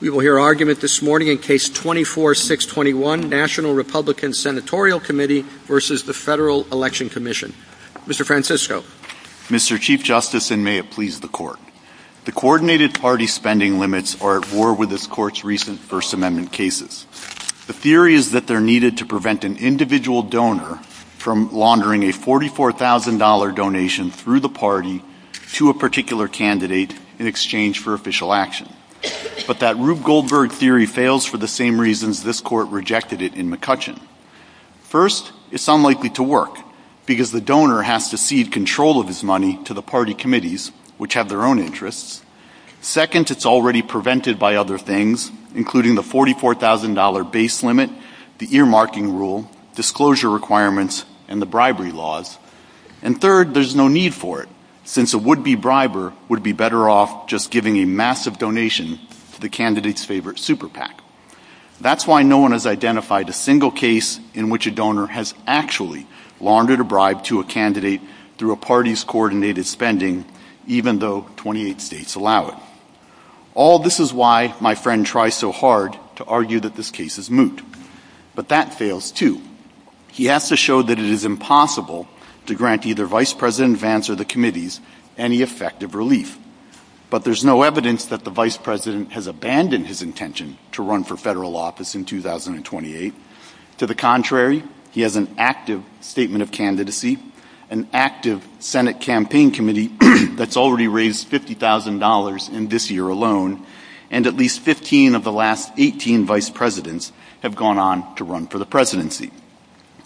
We will hear argument this morning in Case 24-621, National Republican Senatorial Committee v. Federal Election Commission. Mr. Francisco. Mr. Chief Justice, and may it please the Court. The coordinated party spending limits are at war with this Court's recent First Amendment cases. The theory is that they are needed to prevent an individual donor from laundering a $44,000 donation through the party to a particular candidate in exchange for official action. But that Rube Goldberg theory fails for the same reasons this Court rejected it in McCutcheon. First, it's unlikely to work, because the donor has to cede control of his money to the party committees, which have their own interests. Second, it's already prevented by other things, including the $44,000 base limit, the earmarking rule, disclosure requirements, and the bribery laws. And third, there's no need for it, since a would-be briber would be better off just giving a massive donation to the candidate's favorite super PAC. That's why no one has identified a single case in which a donor has actually laundered a bribe to a candidate through a party's coordinated spending, even though 28 states allow it. All this is why my friend tries so hard to argue that this case is moot. But that fails, too. He has to show that it is impossible to grant either Vice President Vance or the committees any effective relief. But there's no evidence that the Vice President has abandoned his intention to run for federal office in 2028. To the contrary, he has an active Statement of Candidacy, an active Senate Campaign Committee that's already raised $50,000 in this year alone, and at least 15 of the last 18 Vice Presidents have gone on to run for the presidency.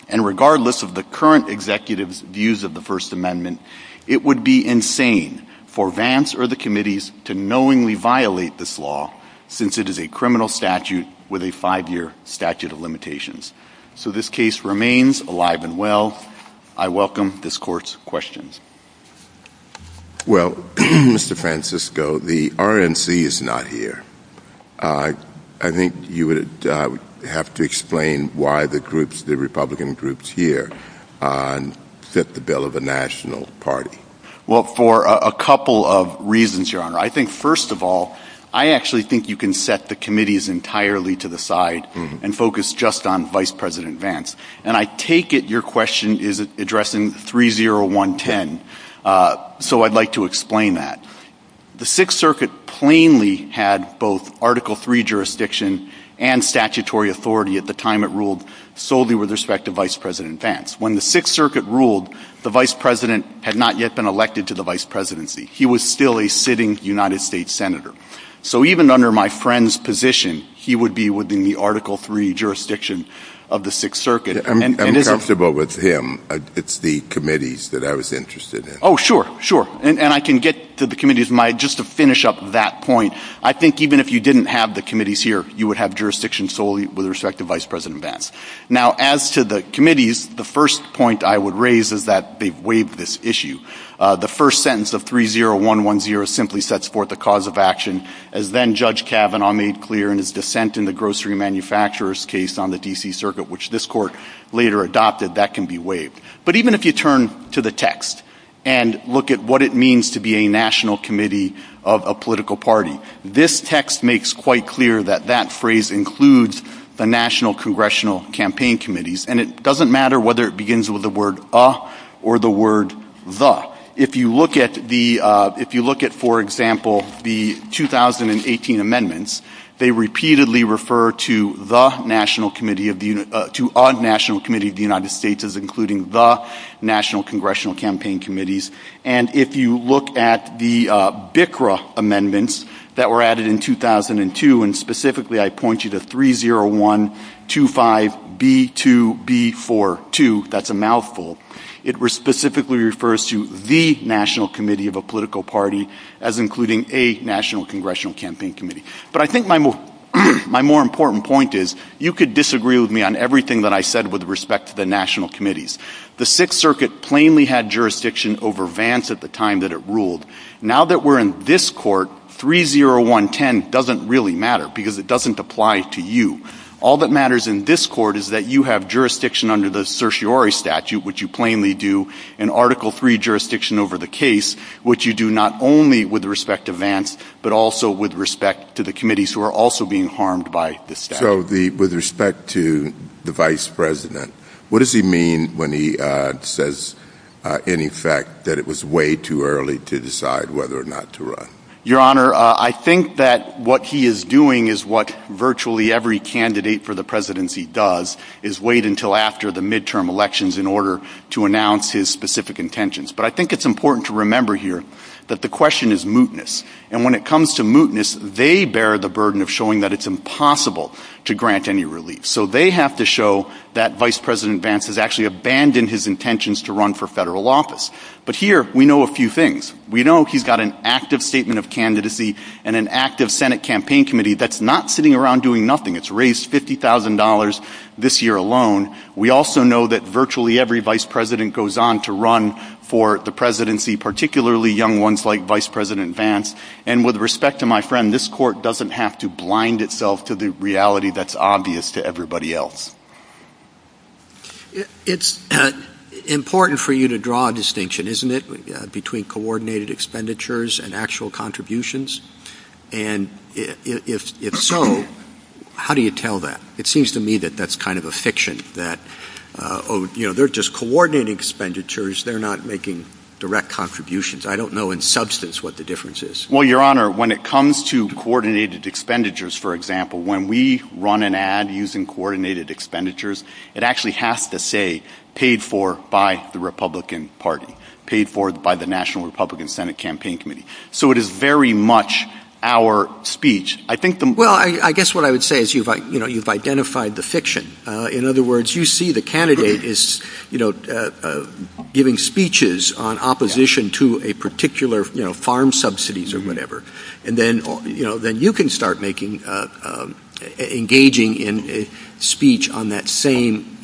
And regardless of the current executive's views of the First Amendment, it would be insane for Vance or the committees to knowingly violate this law, since it is a criminal statute with a five-year statute of limitations. So this case remains alive and well. I welcome this Court's questions. Well, Mr. Francisco, the RNC is not here. I think you would have to explain why the Republican groups here set the bill of a national party. Well, for a couple of reasons, Your Honor. I think, first of all, I actually think you can set the committees entirely to the side and focus just on Vice President Vance. And I take it your question is addressing 30110. So I'd like to explain that. The Sixth Circuit plainly had both Article III jurisdiction and statutory authority at the time it ruled solely with respect to Vice President Vance. When the Sixth Circuit ruled, the Vice President had not yet been elected to the vice presidency. He was still a sitting United States senator. So even under my friend's position, he would be within the Article III jurisdiction of the Sixth Circuit. I'm comfortable with him. It's the committees that I was interested in. Oh, sure, sure. And I can get to the committees. Just to finish up that point, I think even if you didn't have the committees here, you would have jurisdiction solely with respect to Vice President Vance. Now, as to the committees, the first point I would raise is that they waive this issue. The first sentence of 30110 simply sets forth the cause of action. As then-Judge Kavanaugh made clear in his dissent in the grocery manufacturer's case on the D.C. Circuit, which this court later adopted, that can be waived. But even if you turn to the text and look at what it means to be a national committee of a political party, this text makes quite clear that that phrase includes the national congressional campaign committees. And it doesn't matter whether it begins with the word a or the word the. If you look at, for example, the 2018 amendments, they repeatedly refer to a national committee of the United States as including the national congressional campaign committees. And if you look at the BICRA amendments that were added in 2002, and specifically I point you to 30125B2B42, that's a mouthful, it specifically refers to the national committee of a political party as including a national congressional campaign committee. But I think my more important point is, you could disagree with me on everything that I said with respect to the national committees. The Sixth Circuit plainly had jurisdiction over Vance at the time that it ruled. Now that we're in this court, 30110 doesn't really matter, because it doesn't apply to you. All that matters in this court is that you have jurisdiction under the certiorari statute, which you plainly do, and Article III jurisdiction over the case, which you do not only with respect to Vance, but also with respect to the committees who are also being harmed by the statute. So with respect to the vice president, what does he mean when he says, in effect, that it was way too early to decide whether or not to run? Your Honor, I think that what he is doing is what virtually every candidate for the presidency does, is wait until after the midterm elections in order to announce his specific intentions. But I think it's important to remember here that the question is mootness. And when it comes to mootness, they bear the burden of showing that it's impossible to grant any relief. So they have to show that Vice President Vance has actually abandoned his intentions to run for federal office. But here, we know a few things. We know he's got an active statement of candidacy and an active Senate campaign committee that's not sitting around doing nothing. It's raised $50,000 this year alone. We also know that virtually every vice president goes on to run for the presidency, particularly young ones like Vice President Vance. And with respect to my friend, this court doesn't have to blind itself to the reality that's obvious to everybody else. It's important for you to draw a distinction, isn't it, between coordinated expenditures and actual contributions? And if so, how do you tell that? It seems to me that that's kind of a fiction, that they're just coordinated expenditures. They're not making direct contributions. I don't know in substance what the difference is. Well, Your Honor, when it comes to coordinated expenditures, for example, when we run an ad using coordinated expenditures, it actually has to say paid for by the Republican Party, paid for by the National Republican Senate Campaign Committee. So it is very much our speech. Well, I guess what I would say is you've identified the fiction. In other words, you see the candidate is giving speeches on opposition to a particular farm subsidies or whatever, and then you can start engaging in speech on that same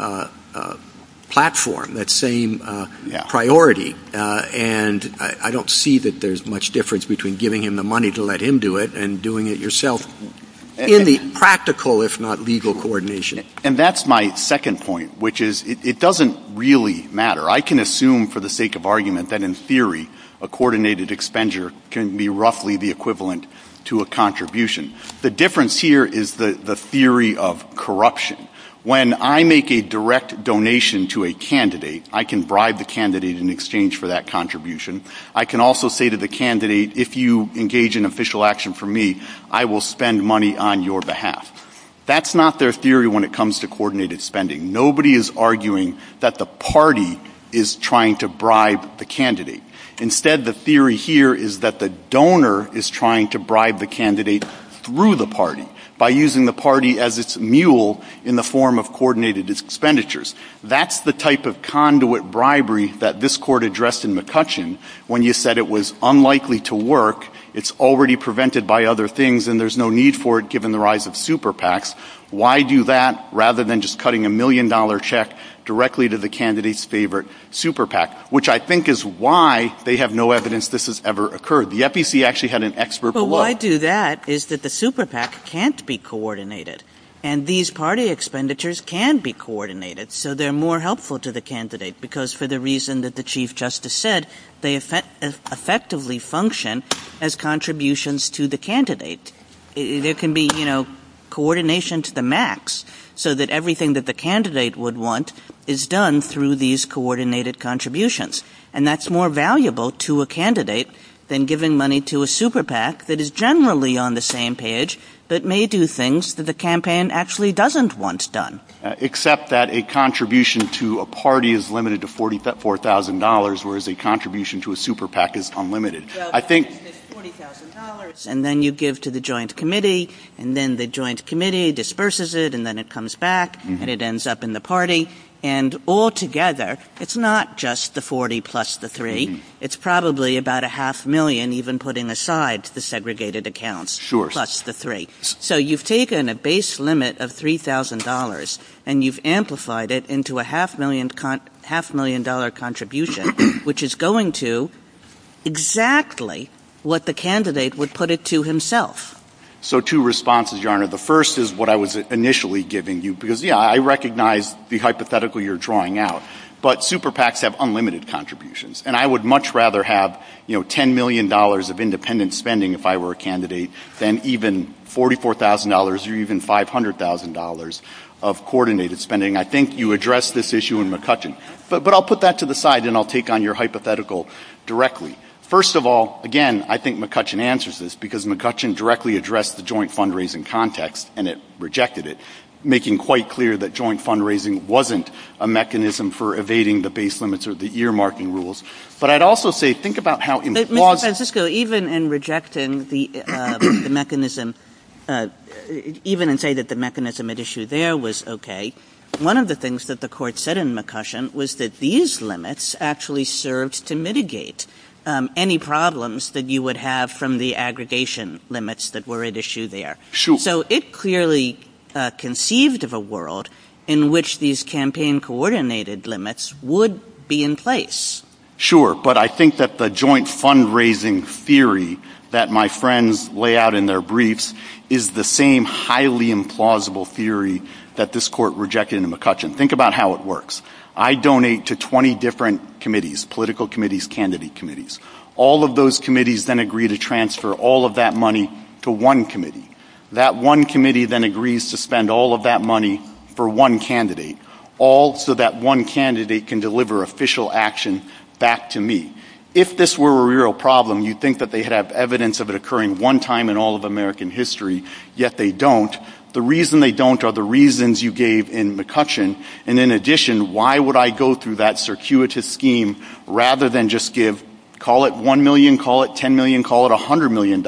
platform, that same priority. And I don't see that there's much difference between giving him the money to let him do it and doing it yourself in the practical, if not legal, coordination. And that's my second point, which is it doesn't really matter. I can assume for the sake of argument that in theory a coordinated expenditure can be roughly the equivalent to a contribution. The difference here is the theory of corruption. When I make a direct donation to a candidate, I can bribe the candidate in exchange for that contribution. I can also say to the candidate, if you engage in official action for me, I will spend money on your behalf. That's not their theory when it comes to coordinated spending. Nobody is arguing that the party is trying to bribe the candidate. Instead, the theory here is that the donor is trying to bribe the candidate through the party by using the party as its mule in the form of coordinated expenditures. That's the type of conduit bribery that this court addressed in McCutcheon when you said it was unlikely to work, it's already prevented by other things, and there's no need for it given the rise of super PACs. Why do that rather than just cutting a million-dollar check directly to the candidate's favorite super PAC? Which I think is why they have no evidence this has ever occurred. The FEC actually had an expert below. Why do that is that the super PAC can't be coordinated, and these party expenditures can be coordinated, so they're more helpful to the candidate because for the reason that the Chief Justice said, they effectively function as contributions to the candidate. There can be coordination to the max so that everything that the candidate would want is done through these coordinated contributions, and that's more valuable to a candidate than giving money to a super PAC that is generally on the same page that may do things that the campaign actually doesn't want done. Except that a contribution to a party is limited to $44,000, whereas a contribution to a super PAC is unlimited. I think— $20,000, and then you give to the joint committee, and then the joint committee disperses it, and then it comes back, and it ends up in the party, and all together, it's not just the $40,000 plus the $3,000. It's probably about a half million, even putting aside the segregated accounts, plus the $3,000. So you've taken a base limit of $3,000, and you've amplified it into a half-million-dollar contribution, which is going to exactly what the candidate would put it to himself. So two responses, Your Honor. The first is what I was initially giving you, because, yeah, I recognize the hypothetical you're drawing out, but super PACs have unlimited contributions, and I would much rather have $10 million of independent spending if I were a candidate than even $44,000 or even $500,000 of coordinated spending. I think you addressed this issue in McCutcheon, but I'll put that to the side, and I'll take on your hypothetical directly. First of all, again, I think McCutcheon answers this, because McCutcheon directly addressed the joint fundraising context, and it rejected it, making quite clear that joint fundraising wasn't a mechanism for evading the base limits or the ear-marking rules. But I'd also say, think about how— But, Mr. Francisco, even in rejecting the mechanism, even in saying that the mechanism at issue there was okay, one of the things that the court said in McCutcheon was that these limits actually served to mitigate any problems that you would have from the aggregation limits that were at issue there. So it clearly conceived of a world in which these campaign-coordinated limits would be in place. Sure, but I think that the joint fundraising theory that my friends lay out in their briefs is the same highly implausible theory that this court rejected in McCutcheon. Think about how it works. I donate to 20 different committees, political committees, candidate committees. All of those committees then agree to transfer all of that money to one committee. That one committee then agrees to spend all of that money for one candidate, all so that one candidate can deliver official action back to me. If this were a real problem, you'd think that they'd have evidence of it occurring one time in all of American history, yet they don't. The reason they don't are the reasons you gave in McCutcheon. And in addition, why would I go through that circuitous scheme rather than just give— call it $1 million, call it $10 million, call it $100 million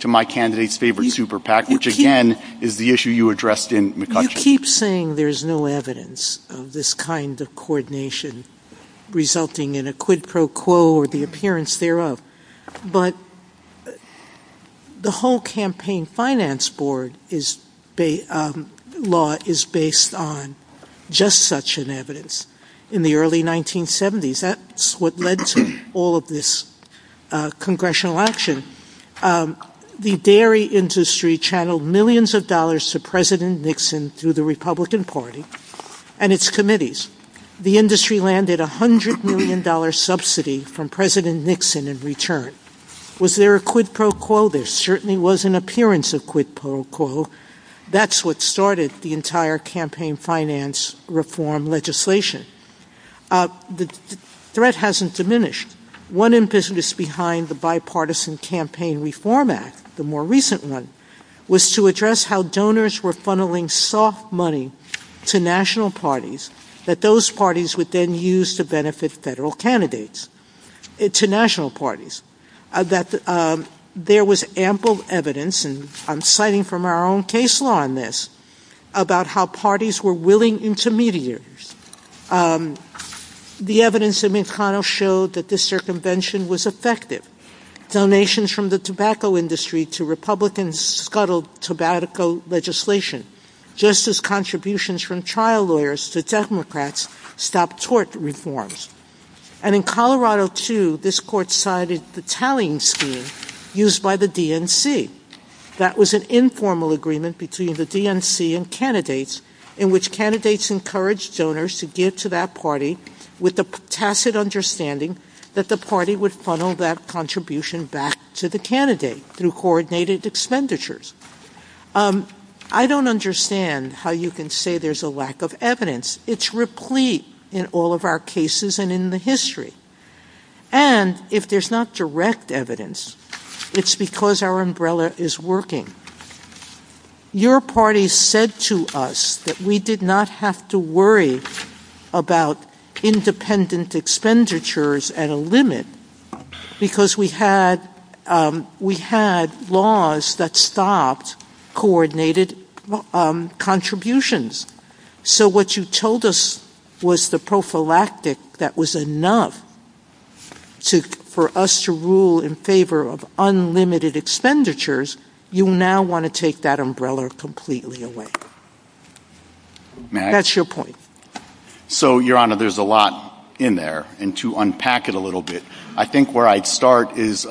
to my candidate's favorite super PAC, which again is the issue you addressed in McCutcheon. I keep saying there's no evidence of this kind of coordination resulting in a quid pro quo or the appearance thereof. But the whole campaign finance board law is based on just such an evidence. In the early 1970s, that's what led to all of this congressional action. The dairy industry channeled millions of dollars to President Nixon through the Republican Party and its committees. The industry landed $100 million subsidy from President Nixon in return. Was there a quid pro quo? There certainly was an appearance of quid pro quo. That's what started the entire campaign finance reform legislation. The threat hasn't diminished. One impetus behind the bipartisan campaign reform act, the more recent one, was to address how donors were funneling soft money to national parties that those parties would then use to benefit federal candidates, to national parties. There was ample evidence, and I'm citing from our own case law on this, about how parties were willing intermediaries. The evidence of McConnell showed that this circumvention was effective. Donations from the tobacco industry to Republicans scuttled tobacco legislation, just as contributions from trial lawyers to Democrats stopped tort reforms. And in Colorado, too, this court cited the tallying scheme used by the DNC. That was an informal agreement between the DNC and candidates, in which candidates encouraged donors to give to that party with the tacit understanding that the party would funnel that contribution back to the candidate through coordinated expenditures. I don't understand how you can say there's a lack of evidence. It's replete in all of our cases and in the history. And if there's not direct evidence, it's because our umbrella is working. Your party said to us that we did not have to worry about independent expenditures at a limit, because we had laws that stopped coordinated contributions. So what you told us was the prophylactic that was enough for us to rule in favor of unlimited expenditures. You now want to take that umbrella completely away. That's your point. So, Your Honor, there's a lot in there, and to unpack it a little bit, I think where I'd start is the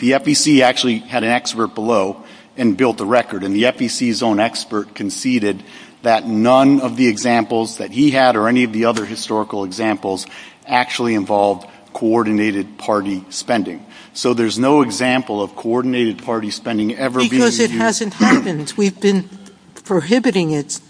FEC actually had an expert below and built a record, and the FEC's own expert conceded that none of the examples that he had or any of the other historical examples actually involved coordinated party spending. So there's no example of coordinated party spending ever being used. Because it hasn't happened. We've been prohibiting it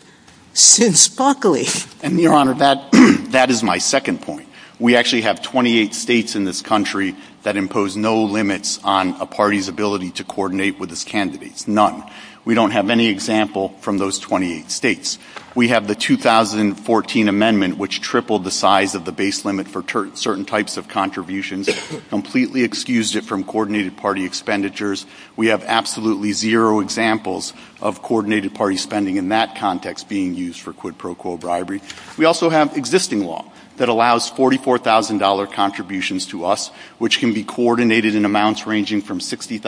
since Buckley. And, Your Honor, that is my second point. We actually have 28 states in this country that impose no limits on a party's ability to coordinate with its candidates. None. We don't have any example from those 28 states. We have the 2014 amendment, which tripled the size of the base limit for certain types of contributions, completely excused it from coordinated party expenditures. We have absolutely zero examples of coordinated party spending in that context being used for quid pro quo bribery. We also have existing law that allows $44,000 contributions to us, which can be coordinated in amounts ranging from $60,000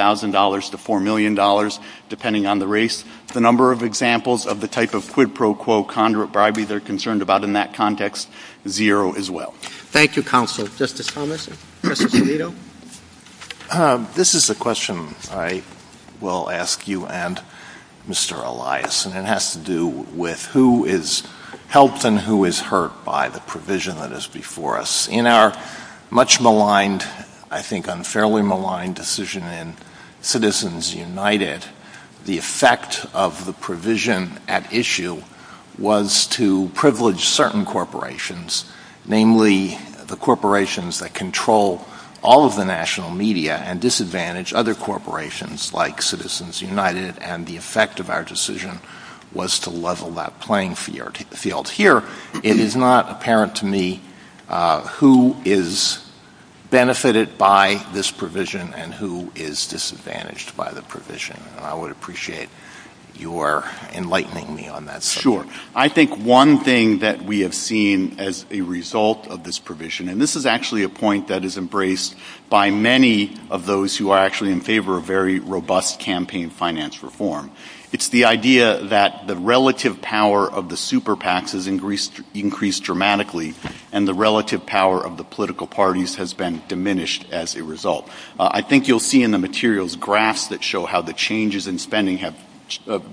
to $4 million, depending on the race. The number of examples of the type of quid pro quo conduit bribery they're concerned about in that context, zero as well. Thank you, Counsel. Justice Thomas, Justice Alito? This is a question I will ask you and Mr. Elias, and it has to do with who is helped and who is hurt by the provision that is before us. In our much maligned, I think unfairly maligned decision in Citizens United, the effect of the provision at issue was to privilege certain corporations, namely the corporations that control all of the national media and disadvantage other corporations like Citizens United, and the effect of our decision was to level that playing field. Here, it is not apparent to me who is benefited by this provision and who is disadvantaged by the provision, and I would appreciate your enlightening me on that. Sure. I think one thing that we have seen as a result of this provision, and this is actually a point that is embraced by many of those who are actually in favor of very robust campaign finance reform, it's the idea that the relative power of the super PACs has increased dramatically and the relative power of the political parties has been diminished as a result. I think you'll see in the materials graphs that show how the changes in spending have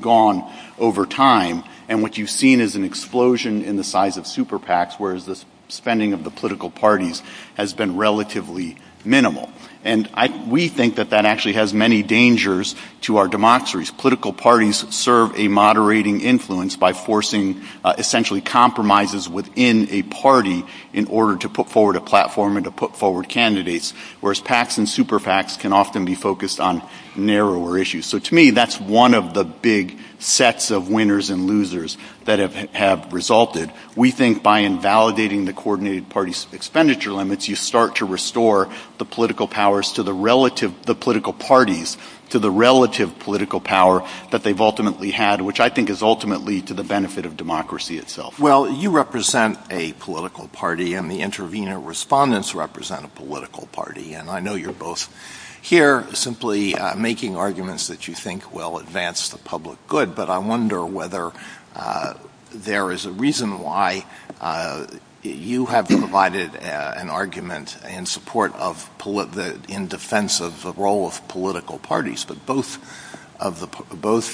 gone over time, and what you've seen is an explosion in the size of super PACs, whereas the spending of the political parties has been relatively minimal. And we think that that actually has many dangers to our democracies. Political parties serve a moderating influence by forcing essentially compromises within a party in order to put forward a platform and to put forward candidates, whereas PACs and super PACs can often be focused on narrower issues. So to me, that's one of the big sets of winners and losers that have resulted. We think by invalidating the coordinated party's expenditure limits, you start to restore the political parties to the relative political power that they've ultimately had, which I think is ultimately to the benefit of democracy itself. Well, you represent a political party and the intervener respondents represent a political party, and I know you're both here simply making arguments that you think will advance the public good, but I wonder whether there is a reason why you have provided an argument in support of, in defense of the role of political parties, but both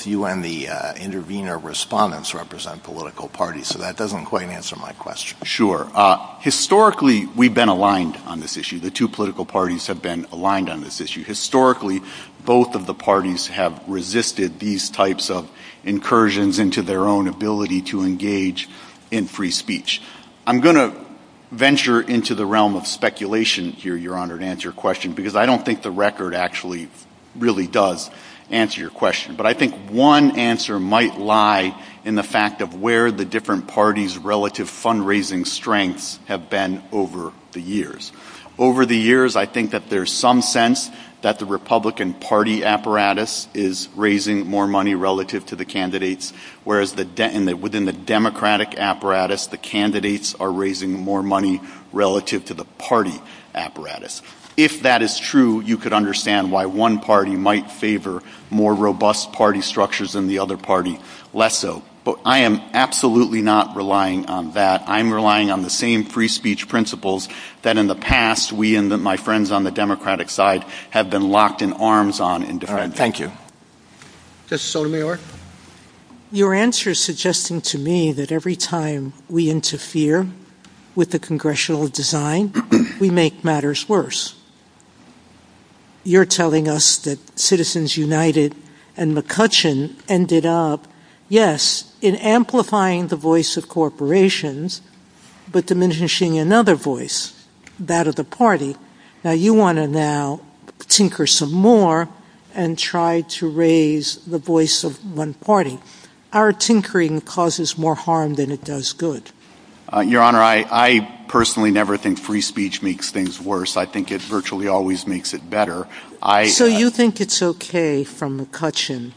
you and the intervener respondents represent political parties, so that doesn't quite answer my question. Sure. Historically, we've been aligned on this issue. The two political parties have been aligned on this issue. Historically, both of the parties have resisted these types of incursions into their own ability to engage in free speech. I'm going to venture into the realm of speculation here, Your Honor, to answer your question, because I don't think the record actually really does answer your question, but I think one answer might lie in the fact of where the different parties' relative fundraising strengths have been over the years. Over the years, I think that there's some sense that the Republican Party apparatus is raising more money relative to the candidates, whereas within the Democratic apparatus, the candidates are raising more money relative to the party apparatus. If that is true, you could understand why one party might favor more robust party structures than the other party less so, but I am absolutely not relying on that. I'm relying on the same free speech principles that in the past we and my friends on the Democratic side have been locked in arms on in defense. Thank you. Justice Sotomayor? Your answer is suggesting to me that every time we interfere with the congressional design, we make matters worse. You're telling us that Citizens United and McCutcheon ended up, yes, in amplifying the voice of corporations, but diminishing another voice, that of the party. Now you want to now tinker some more and try to raise the voice of one party. Our tinkering causes more harm than it does good. Your Honor, I personally never think free speech makes things worse. I think it virtually always makes it better. So you think it's okay from McCutcheon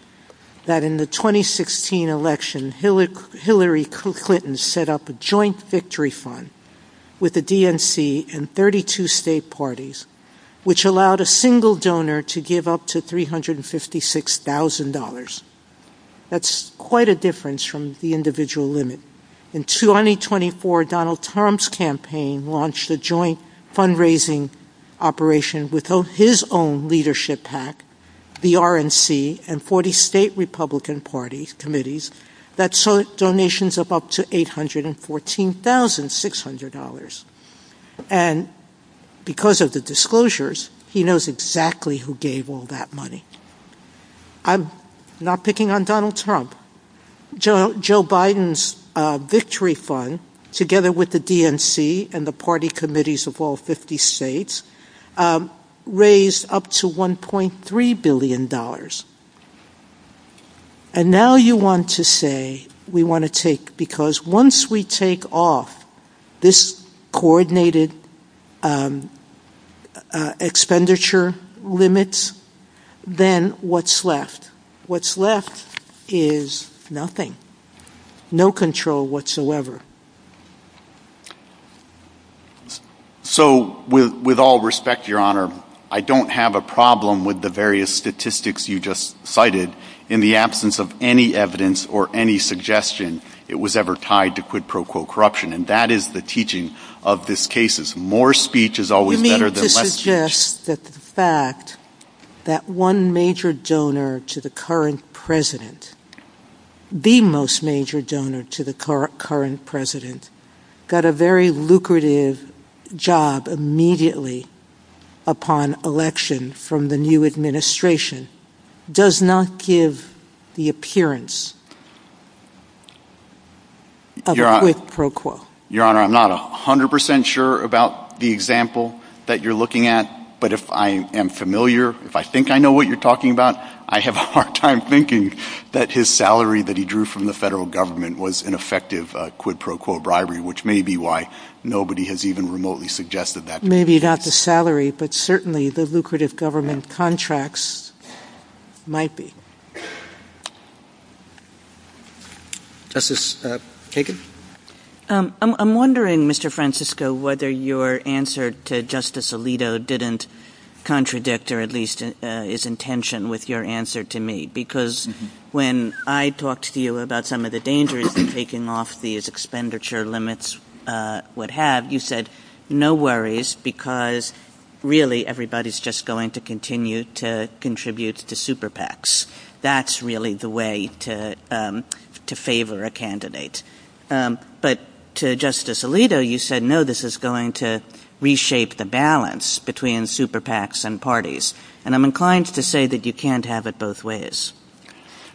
that in the 2016 election, Hillary Clinton set up a joint victory fund with the DNC and 32 state parties, which allowed a single donor to give up to $356,000. That's quite a difference from the individual limit. In 2024, Donald Trump's campaign launched a joint fundraising operation with his own leadership pack, the RNC, and 40 state Republican parties, committees, that sought donations of up to $814,600. And because of the disclosures, he knows exactly who gave all that money. I'm not picking on Donald Trump. Joe Biden's victory fund, together with the DNC and the party committees of all 50 states, raised up to $1.3 billion. And now you want to say we want to take, because once we take off this coordinated expenditure limit, then what's left? What's left is nothing. No control whatsoever. So, with all respect, Your Honor, I don't have a problem with the various statistics you just cited in the absence of any evidence or any suggestion it was ever tied to quid pro quo corruption. And that is the teaching of this case. More speech is always better than less speech. I would suggest that the fact that one major donor to the current president, the most major donor to the current president, got a very lucrative job immediately upon election from the new administration, does not give the appearance of a quid pro quo. Your Honor, I'm not 100% sure about the example that you're looking at. But if I am familiar, if I think I know what you're talking about, I have a hard time thinking that his salary that he drew from the federal government was an effective quid pro quo bribery, which may be why nobody has even remotely suggested that. Maybe not the salary, but certainly the lucrative government contracts might be. Justice Kagan? I'm wondering, Mr. Francisco, whether your answer to Justice Alito didn't contradict, or at least is in tension with your answer to me. Because when I talked to you about some of the dangers that taking off these expenditure limits would have, you said, no worries, because really everybody's just going to continue to contribute to super PACs. That's really the way to favor a candidate. But to Justice Alito, you said, no, this is going to reshape the balance between super PACs and parties. And I'm inclined to say that you can't have it both ways.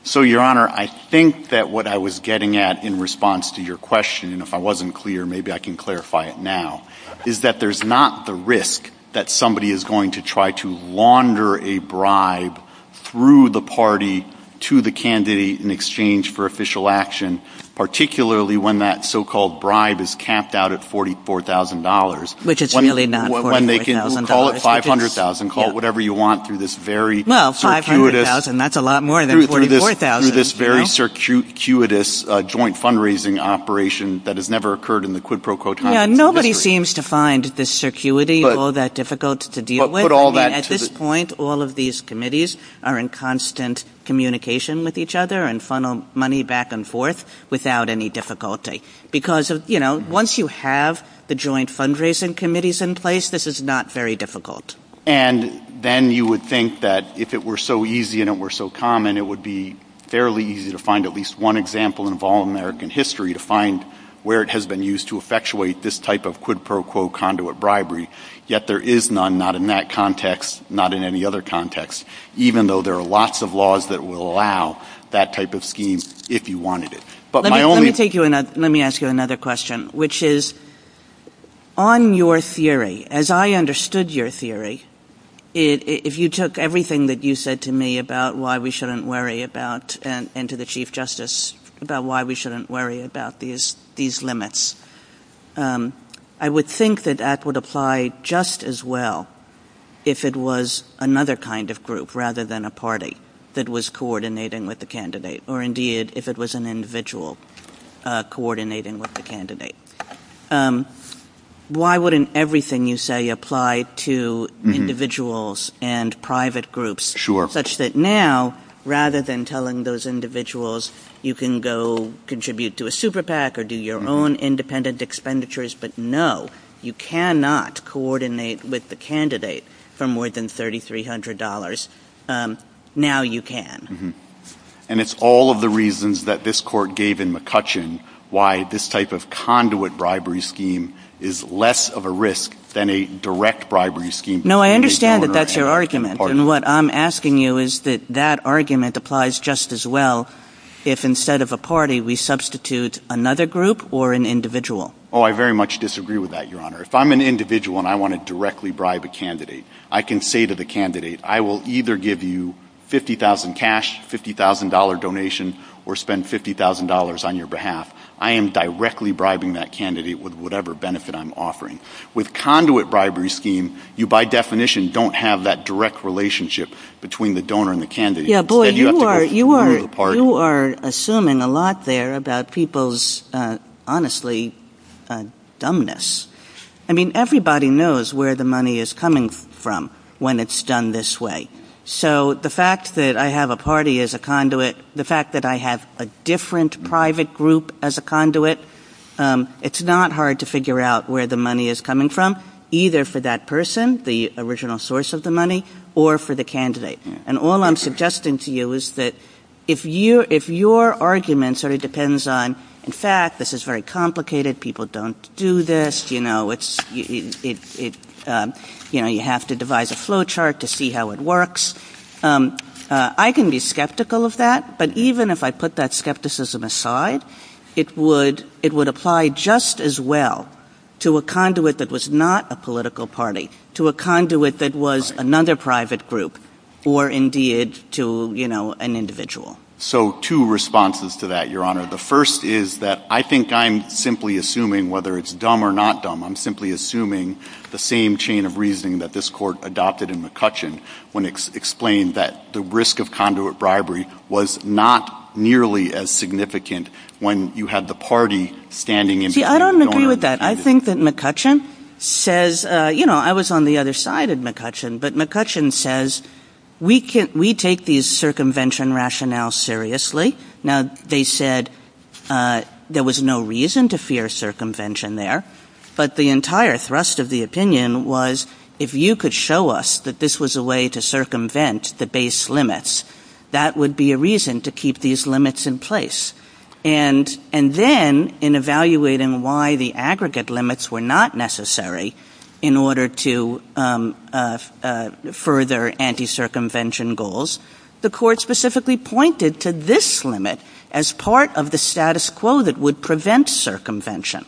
So, Your Honor, I think that what I was getting at in response to your question, if I wasn't clear, maybe I can clarify it now, is that there's not the risk that somebody is going to try to launder a bribe through the party to the candidate in exchange for official action, particularly when that so-called bribe is capped out at $44,000. Which is really not $44,000. When they can call it $500,000, call it whatever you want through this very circuitous... Well, $500,000, that's a lot more than $44,000. Through this very circuitous joint fundraising operation that has never occurred in the quid pro quo tradition. Nobody seems to find this circuity all that difficult to deal with. At this point, all of these committees are in constant communication with each other and funnel money back and forth without any difficulty. Because, you know, once you have the joint fundraising committees in place, this is not very difficult. And then you would think that if it were so easy and it were so common, it would be fairly easy to find at least one example in all American history to find where it has been used to effectuate this type of quid pro quo conduit bribery. Yet there is none, not in that context, not in any other context, even though there are lots of laws that will allow that type of scheme if you wanted it. Let me ask you another question, which is, on your theory, as I understood your theory, if you took everything that you said to me about why we shouldn't worry about, and to the Chief Justice, about why we shouldn't worry about these limits, I would think that that would apply just as well if it was another kind of group rather than a party that was coordinating with the candidate, or indeed if it was an individual coordinating with the candidate. Why wouldn't everything you say apply to individuals and private groups, such that now, rather than telling those individuals you can go contribute to a super PAC or do your own independent expenditures, but no, you cannot coordinate with the candidate for more than $3,300. Now you can. And it's all of the reasons that this court gave in McCutcheon why this type of conduit bribery scheme is less of a risk than a direct bribery scheme. No, I understand that that's your argument, and what I'm asking you is that that argument applies just as well if, instead of a party, we substitute another group or an individual. Oh, I very much disagree with that, Your Honor. If I'm an individual and I want to directly bribe a candidate, I can say to the candidate, I will either give you $50,000 cash, $50,000 donation, or spend $50,000 on your behalf. I am directly bribing that candidate with whatever benefit I'm offering. With conduit bribery scheme, you by definition don't have that direct relationship between the donor and the candidate. Yeah, boy, you are assuming a lot there about people's, honestly, dumbness. I mean, everybody knows where the money is coming from when it's done this way. So the fact that I have a party as a conduit, the fact that I have a different private group as a conduit, it's not hard to figure out where the money is coming from, either for that person, the original source of the money, or for the candidate. And all I'm suggesting to you is that if your argument sort of depends on, in fact, this is very complicated, people don't do this, you know, you have to devise a flow chart to see how it works, I can be skeptical of that, but even if I put that skepticism aside, it would apply just as well to a conduit that was not a political party, to a conduit that was another private group, or indeed to, you know, an individual. So two responses to that, Your Honor. The first is that I think I'm simply assuming, whether it's dumb or not dumb, I'm simply assuming the same chain of reasoning that this Court adopted in McCutcheon when it explained that the risk of conduit bribery was not nearly as significant when you had the party standing in front of the donor. See, I don't agree with that. I think that McCutcheon says, you know, I was on the other side of McCutcheon, but McCutcheon says, we take these circumvention rationales seriously. Now, they said there was no reason to fear circumvention there, but the entire thrust of the opinion was, if you could show us that this was a way to circumvent the base limits, that would be a reason to keep these limits in place. And then, in evaluating why the aggregate limits were not necessary in order to further anti-circumvention goals, the Court specifically pointed to this limit as part of the status quo that would prevent circumvention.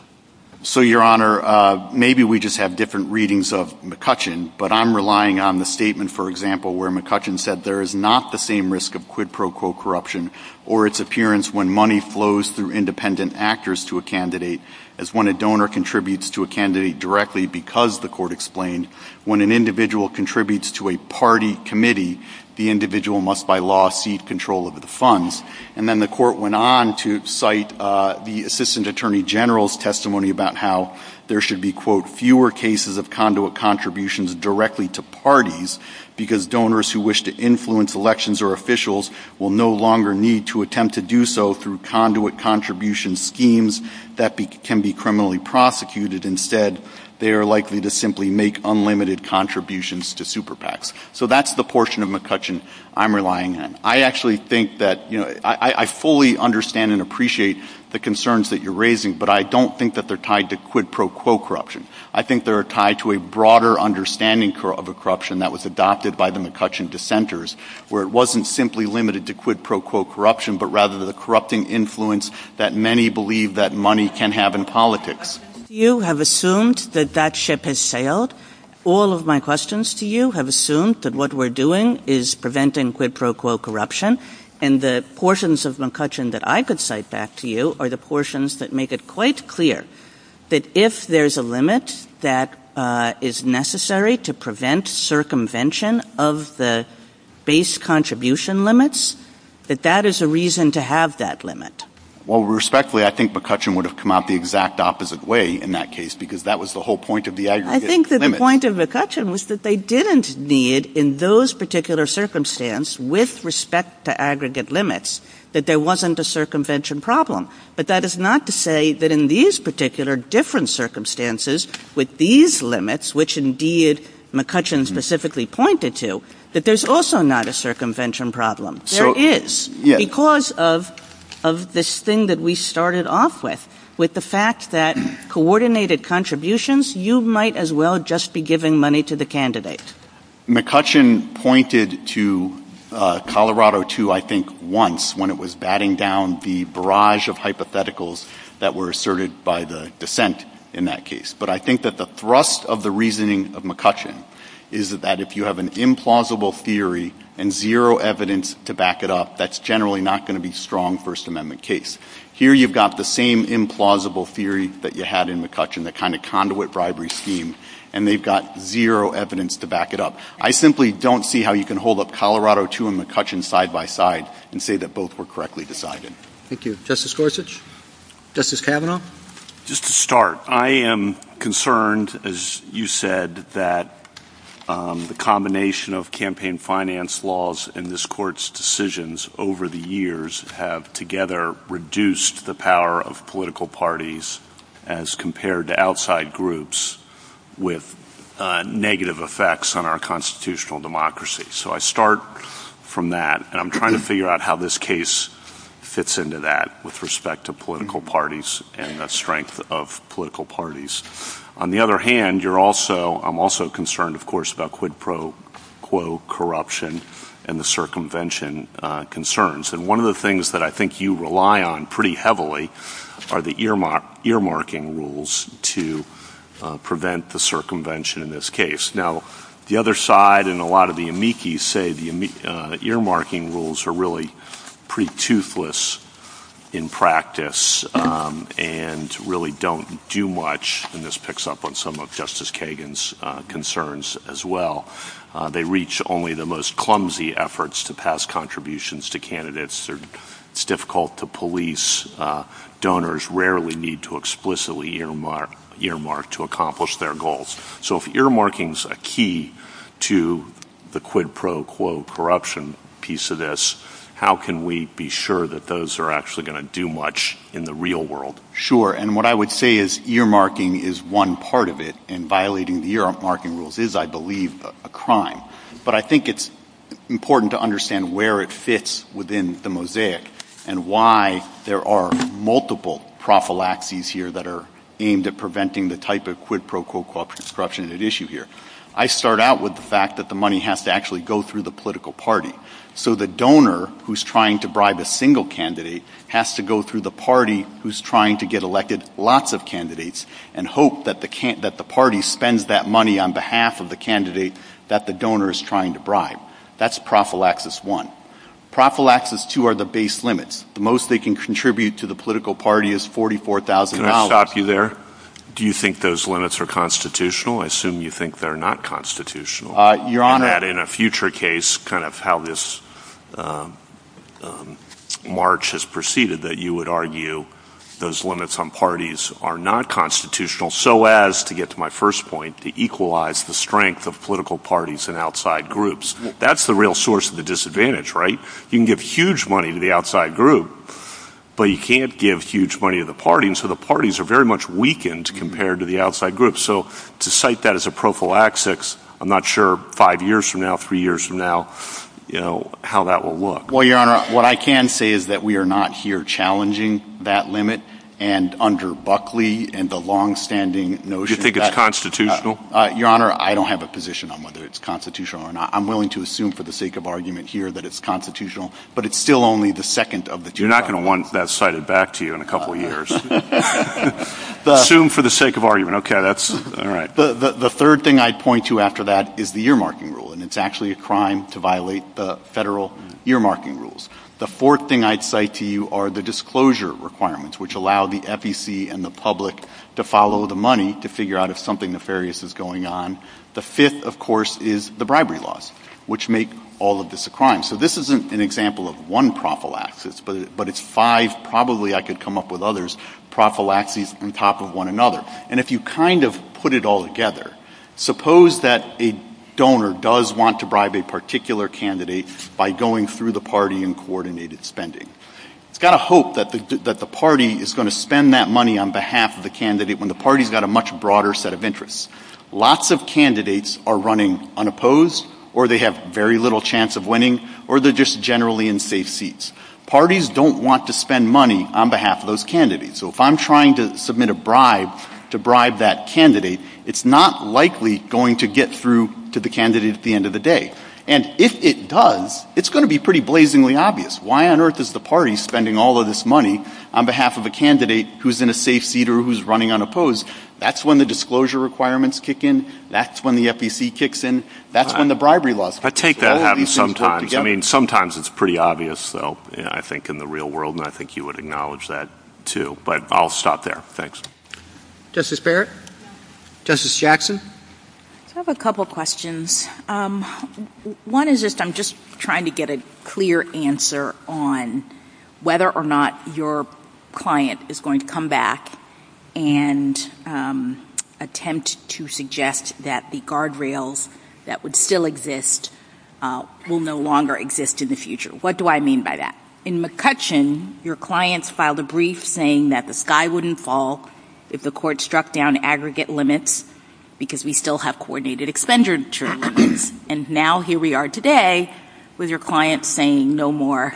So, Your Honor, maybe we just have different readings of McCutcheon, but I'm relying on the statement, for example, where McCutcheon said there is not the same risk of quid pro quo corruption or its appearance when money flows through independent actors to a candidate as when a donor contributes to a candidate directly because the Court explained when an individual contributes to a party committee, the individual must, by law, cede control of the funds. And then the Court went on to cite the Assistant Attorney General's testimony about how there should be, quote, fewer cases of conduit contributions directly to parties because donors who wish to influence elections or officials will no longer need to attempt to do so through conduit contribution schemes that can be criminally prosecuted. Instead, they are likely to simply make unlimited contributions to super PACs. So that's the portion of McCutcheon I'm relying on. I actually think that, you know, I fully understand and appreciate the concerns that you're raising, but I don't think that they're tied to quid pro quo corruption. I think they're tied to a broader understanding of a corruption that was adopted by the McCutcheon dissenters where it wasn't simply limited to quid pro quo corruption, but rather the corrupting influence that many believe that money can have in politics. You have assumed that that ship has sailed. All of my questions to you have assumed that what we're doing is preventing quid pro quo corruption, and the portions of McCutcheon that I could cite back to you are the portions that make it quite clear that if there's a limit that is necessary to prevent circumvention of the base contribution limits, that that is a reason to have that limit. Well, respectfully, I think McCutcheon would have come out the exact opposite way in that case because that was the whole point of the idea. I think that the point of McCutcheon was that they didn't need, in those particular circumstances, with respect to aggregate limits, that there wasn't a circumvention problem. But that is not to say that in these particular different circumstances with these limits, which indeed McCutcheon specifically pointed to, that there's also not a circumvention problem. There is, because of this thing that we started off with, with the fact that coordinated contributions, you might as well just be giving money to the candidate. McCutcheon pointed to Colorado II, I think, once when it was batting down the barrage of hypotheticals that were asserted by the dissent in that case. But I think that the thrust of the reasoning of McCutcheon is that if you have an implausible theory and zero evidence to back it up, that's generally not going to be a strong First Amendment case. Here you've got the same implausible theory that you had in McCutcheon, the kind of conduit bribery scheme, and they've got zero evidence to back it up. I simply don't see how you can hold up Colorado II and McCutcheon side by side and say that both were correctly decided. Thank you. Justice Gorsuch? Justice Kavanaugh? Just to start, I am concerned, as you said, that the combination of campaign finance laws and this Court's decisions over the years have together reduced the power of political parties as compared to outside groups with negative effects on our constitutional democracy. So I start from that, and I'm trying to figure out how this case fits into that with respect to political parties and the strength of political parties. On the other hand, I'm also concerned, of course, about quid pro quo corruption and the circumvention concerns. And one of the things that I think you rely on pretty heavily are the earmarking rules to prevent the circumvention in this case. Now, the other side and a lot of the amici say the earmarking rules are really pretty toothless in practice and really don't do much, and this picks up on some of Justice Kagan's concerns as well. They reach only the most clumsy efforts to pass contributions to candidates. It's difficult to police. Donors rarely need to explicitly earmark to accomplish their goals. So if earmarking's a key to the quid pro quo corruption piece of this, how can we be sure that those are actually going to do much in the real world? Sure, and what I would say is earmarking is one part of it, and violating the earmarking rules is, I believe, a crime. But I think it's important to understand where it fits within the mosaic and why there are multiple prophylaxes here that are aimed at preventing the type of quid pro quo corruption at issue here. I start out with the fact that the money has to actually go through the political party. So the donor who's trying to bribe a single candidate has to go through the party who's trying to get elected lots of candidates and hope that the party spends that money on behalf of the candidate that the donor is trying to bribe. That's prophylaxis one. Prophylaxis two are the base limits. The most they can contribute to the political party is $44,000. Can I stop you there? Do you think those limits are constitutional? I assume you think they're not constitutional. Your Honor. And that in a future case, kind of how this march has proceeded, that you would argue those limits on parties are not constitutional, so as, to get to my first point, to equalize the strength of political parties and outside groups. That's the real source of the disadvantage, right? You can give huge money to the outside group, but you can't give huge money to the party, and so the parties are very much weakened compared to the outside groups. So to cite that as a prophylaxis, I'm not sure five years from now, three years from now, how that will look. Well, Your Honor, what I can say is that we are not here challenging that limit, and under Buckley and the longstanding notion of that. Do you think it's constitutional? Your Honor, I don't have a position on whether it's constitutional or not. I'm willing to assume for the sake of argument here that it's constitutional, but it's still only the second of the two. You're not going to want that cited back to you in a couple of years. Assume for the sake of argument. Okay, that's all right. The third thing I'd point to after that is the earmarking rule, and it's actually a crime to violate the federal earmarking rules. The fourth thing I'd cite to you are the disclosure requirements, which allow the FEC and the public to follow the money to figure out if something nefarious is going on. The fifth, of course, is the bribery laws, which make all of this a crime. So this isn't an example of one prophylaxis, but it's five, probably I could come up with others, prophylaxes on top of one another. And if you kind of put it all together, suppose that a donor does want to bribe a particular candidate by going through the party in coordinated spending. It's got to hope that the party is going to spend that money on behalf of the candidate when the party's got a much broader set of interests. Lots of candidates are running unopposed, or they have very little chance of winning, or they're just generally in safe seats. Parties don't want to spend money on behalf of those candidates. So if I'm trying to submit a bribe to bribe that candidate, it's not likely going to get through to the candidate at the end of the day. And if it does, it's going to be pretty blazingly obvious. Why on earth is the party spending all of this money on behalf of a candidate who's in a safe seat or who's running unopposed? That's when the disclosure requirements kick in. That's when the FEC kicks in. That's when the bribery laws come together. I take that having sometimes. I mean, sometimes it's pretty obvious, though, I think, in the real world, and I think you would acknowledge that, too. But I'll stop there. Thanks. Justice Barrett? Justice Jackson? I have a couple questions. One is just I'm just trying to get a clear answer on whether or not your client is going to come back and attempt to suggest that the guardrails that would still exist will no longer exist in the future. What do I mean by that? In McCutcheon, your clients filed a brief saying that the sky wouldn't fall if the court struck down aggregate limits because we still have coordinated expenditure limits. And now here we are today with your client saying no more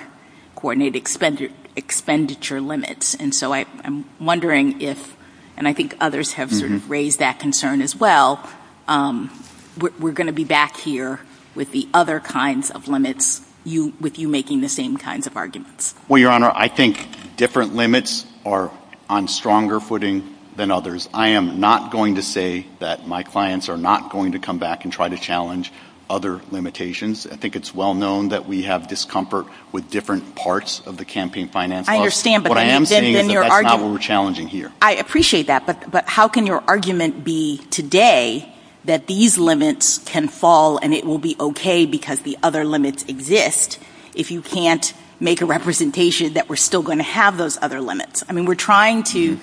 coordinated expenditure limits. And so I'm wondering if, and I think others have raised that concern as well, we're going to be back here with the other kinds of limits, with you making the same kinds of arguments. Well, Your Honor, I think different limits are on stronger footing than others. I am not going to say that my clients are not going to come back and try to challenge other limitations. I think it's well known that we have discomfort with different parts of the campaign finance law. I understand. What I am saying is that that's not what we're challenging here. I appreciate that. But how can your argument be today that these limits can fall and it will be okay because the other limits exist if you can't make a representation that we're still going to have those other limits? I mean, we're trying to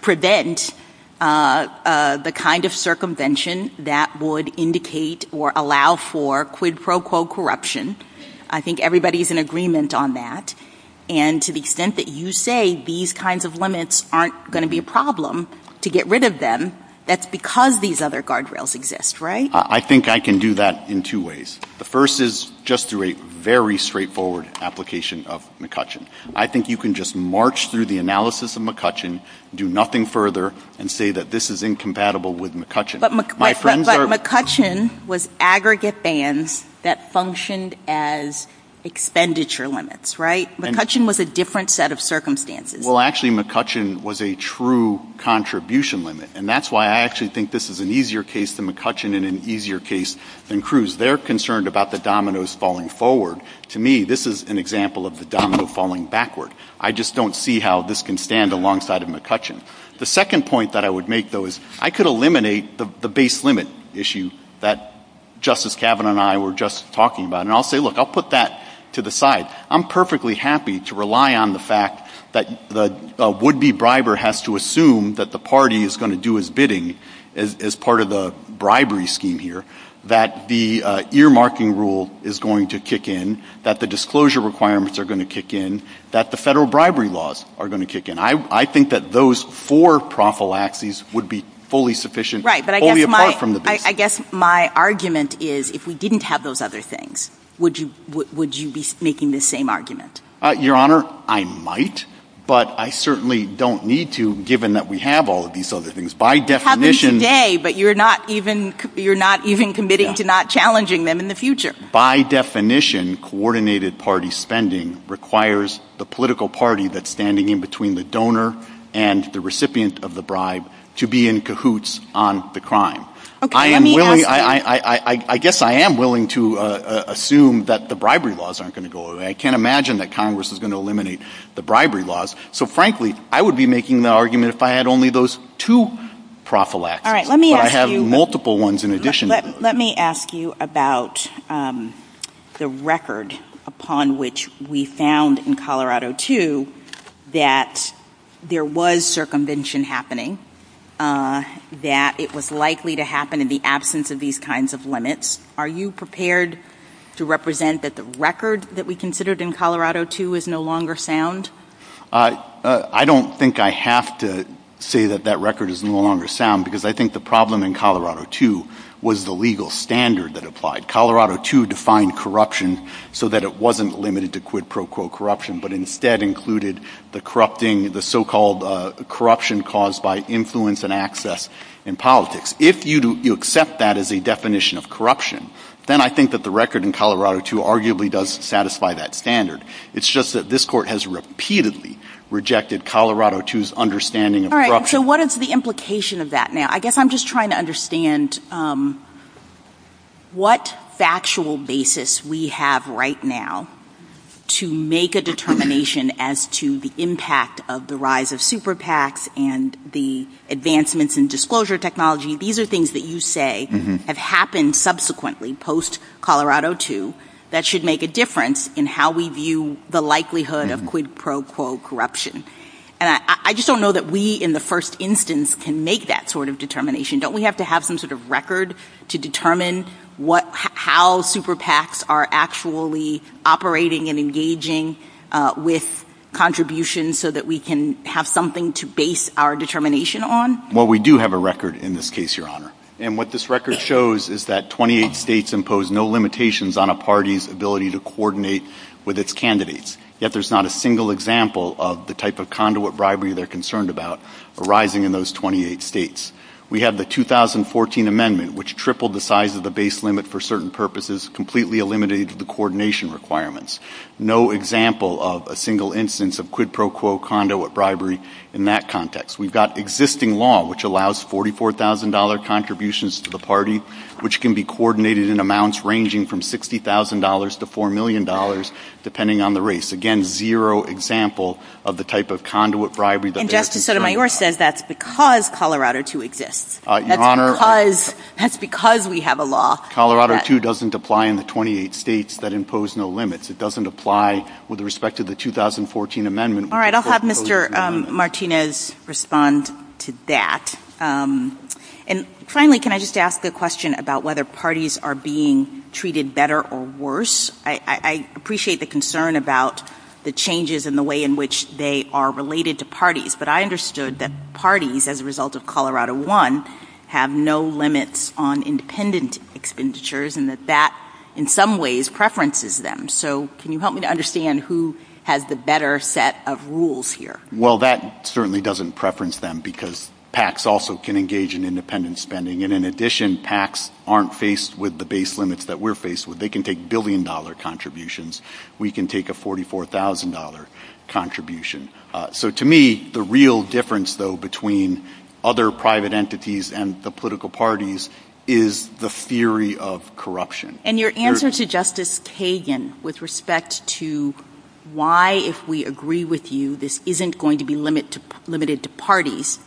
prevent the kind of circumvention that would indicate or allow for quid pro quo corruption. I think everybody is in agreement on that. And to the extent that you say these kinds of limits aren't going to be a problem to get rid of them, that's because these other guardrails exist, right? I think I can do that in two ways. The first is just through a very straightforward application of McCutcheon. I think you can just march through the analysis of McCutcheon, do nothing further, and say that this is incompatible with McCutcheon. But McCutcheon was aggregate bans that functioned as expenditure limits, right? McCutcheon was a different set of circumstances. Well, actually, McCutcheon was a true contribution limit. And that's why I actually think this is an easier case than McCutcheon and an easier case than Cruz. They're concerned about the dominoes falling forward. To me, this is an example of the domino falling backward. I just don't see how this can stand alongside of McCutcheon. The second point that I would make, though, is I could eliminate the base limit issue that Justice Kavanaugh and I were just talking about. And I'll say, look, I'll put that to the side. I'm perfectly happy to rely on the fact that a would-be briber has to assume that the party is going to do its bidding as part of the bribery scheme here, that the earmarking rule is going to kick in, that the disclosure requirements are going to kick in, that the federal bribery laws are going to kick in. I think that those four prophylaxes would be fully sufficient, only apart from the base limit. Right, but I guess my argument is if we didn't have those other things, would you be making the same argument? Your Honor, I might, but I certainly don't need to, given that we have all of these other things. By definition — You're not even committing to not challenging them in the future. By definition, coordinated party spending requires the political party that's standing in between the donor and the recipient of the bribe to be in cahoots on the crime. I guess I am willing to assume that the bribery laws aren't going to go away. I can't imagine that Congress is going to eliminate the bribery laws. So, frankly, I would be making the argument if I had only those two prophylaxes, but I have multiple ones in addition. Let me ask you about the record upon which we found in Colorado II that there was circumvention happening, that it was likely to happen in the absence of these kinds of limits. Are you prepared to represent that the record that we considered in Colorado II is no longer sound? I don't think I have to say that that record is no longer sound, because I think the problem in Colorado II was the legal standard that applied. Colorado II defined corruption so that it wasn't limited to quid pro quo corruption, but instead included the so-called corruption caused by influence and access in politics. If you accept that as a definition of corruption, then I think that the record in Colorado II arguably does satisfy that standard. It's just that this Court has repeatedly rejected Colorado II's understanding of corruption. So what is the implication of that now? I guess I'm just trying to understand what factual basis we have right now to make a determination as to the impact of the rise of super PACs and the advancements in disclosure technology. These are things that you say have happened subsequently post-Colorado II that should make a difference in how we view the likelihood of quid pro quo corruption. I just don't know that we, in the first instance, can make that sort of determination. Don't we have to have some sort of record to determine how super PACs are actually operating and engaging with contributions so that we can have something to base our determination on? Well, we do have a record in this case, Your Honor. And what this record shows is that 28 states impose no limitations on a party's ability to coordinate with its candidates. Yet there's not a single example of the type of conduit bribery they're concerned about arising in those 28 states. We have the 2014 amendment, which tripled the size of the base limit for certain purposes, completely eliminating the coordination requirements. No example of a single instance of quid pro quo conduit bribery in that context. We've got existing law, which allows $44,000 contributions to the party, which can be coordinated in amounts ranging from $60,000 to $4 million, depending on the race. Again, zero example of the type of conduit bribery that they're concerned about. And Justice Sotomayor says that's because Colorado 2 exists. That's because we have a law. Colorado 2 doesn't apply in the 28 states that impose no limits. It doesn't apply with respect to the 2014 amendment. All right, I'll have Mr. Martinez respond to that. And finally, can I just ask the question about whether parties are being treated better or worse? I appreciate the concern about the changes in the way in which they are related to parties, but I understood that parties, as a result of Colorado 1, have no limits on independent expenditures and that that, in some ways, preferences them. So can you help me to understand who has the better set of rules here? Well, that certainly doesn't preference them because PACs also can engage in independent spending. And in addition, PACs aren't faced with the base limits that we're faced with. They can take billion-dollar contributions. We can take a $44,000 contribution. So to me, the real difference, though, between other private entities and the political parties is the theory of corruption. And your answer to Justice Kagan with respect to why, if we agree with you, this isn't going to be limited to parties,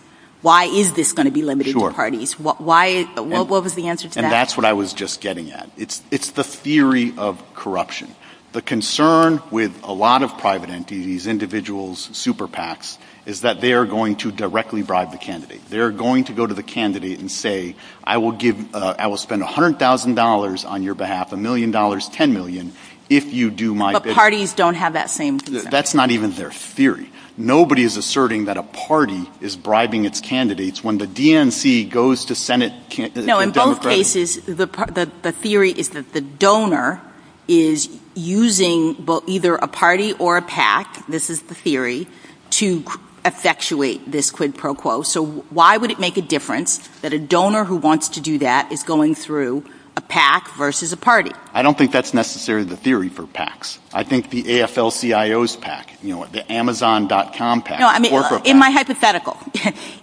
why is this going to be limited to parties? Sure. What was the answer to that? And that's what I was just getting at. It's the theory of corruption. The concern with a lot of private entities, individuals, super PACs, is that they are going to directly bribe the candidate. They are going to go to the candidate and say, I will spend $100,000 on your behalf, $1 million, $10 million, if you do my ____. But parties don't have that same theory. That's not even their theory. Nobody is asserting that a party is bribing its candidates. When the DNC goes to Senate ____. No, in both cases, the theory is that the donor is using either a party or a PAC, this is the theory, to effectuate this quid pro quo. So why would it make a difference that a donor who wants to do that is going through a PAC versus a party? I don't think that's necessarily the theory for PACs. I think the AFL-CIOs PAC, the Amazon.com PAC, the corporate PAC. In my hypothetical,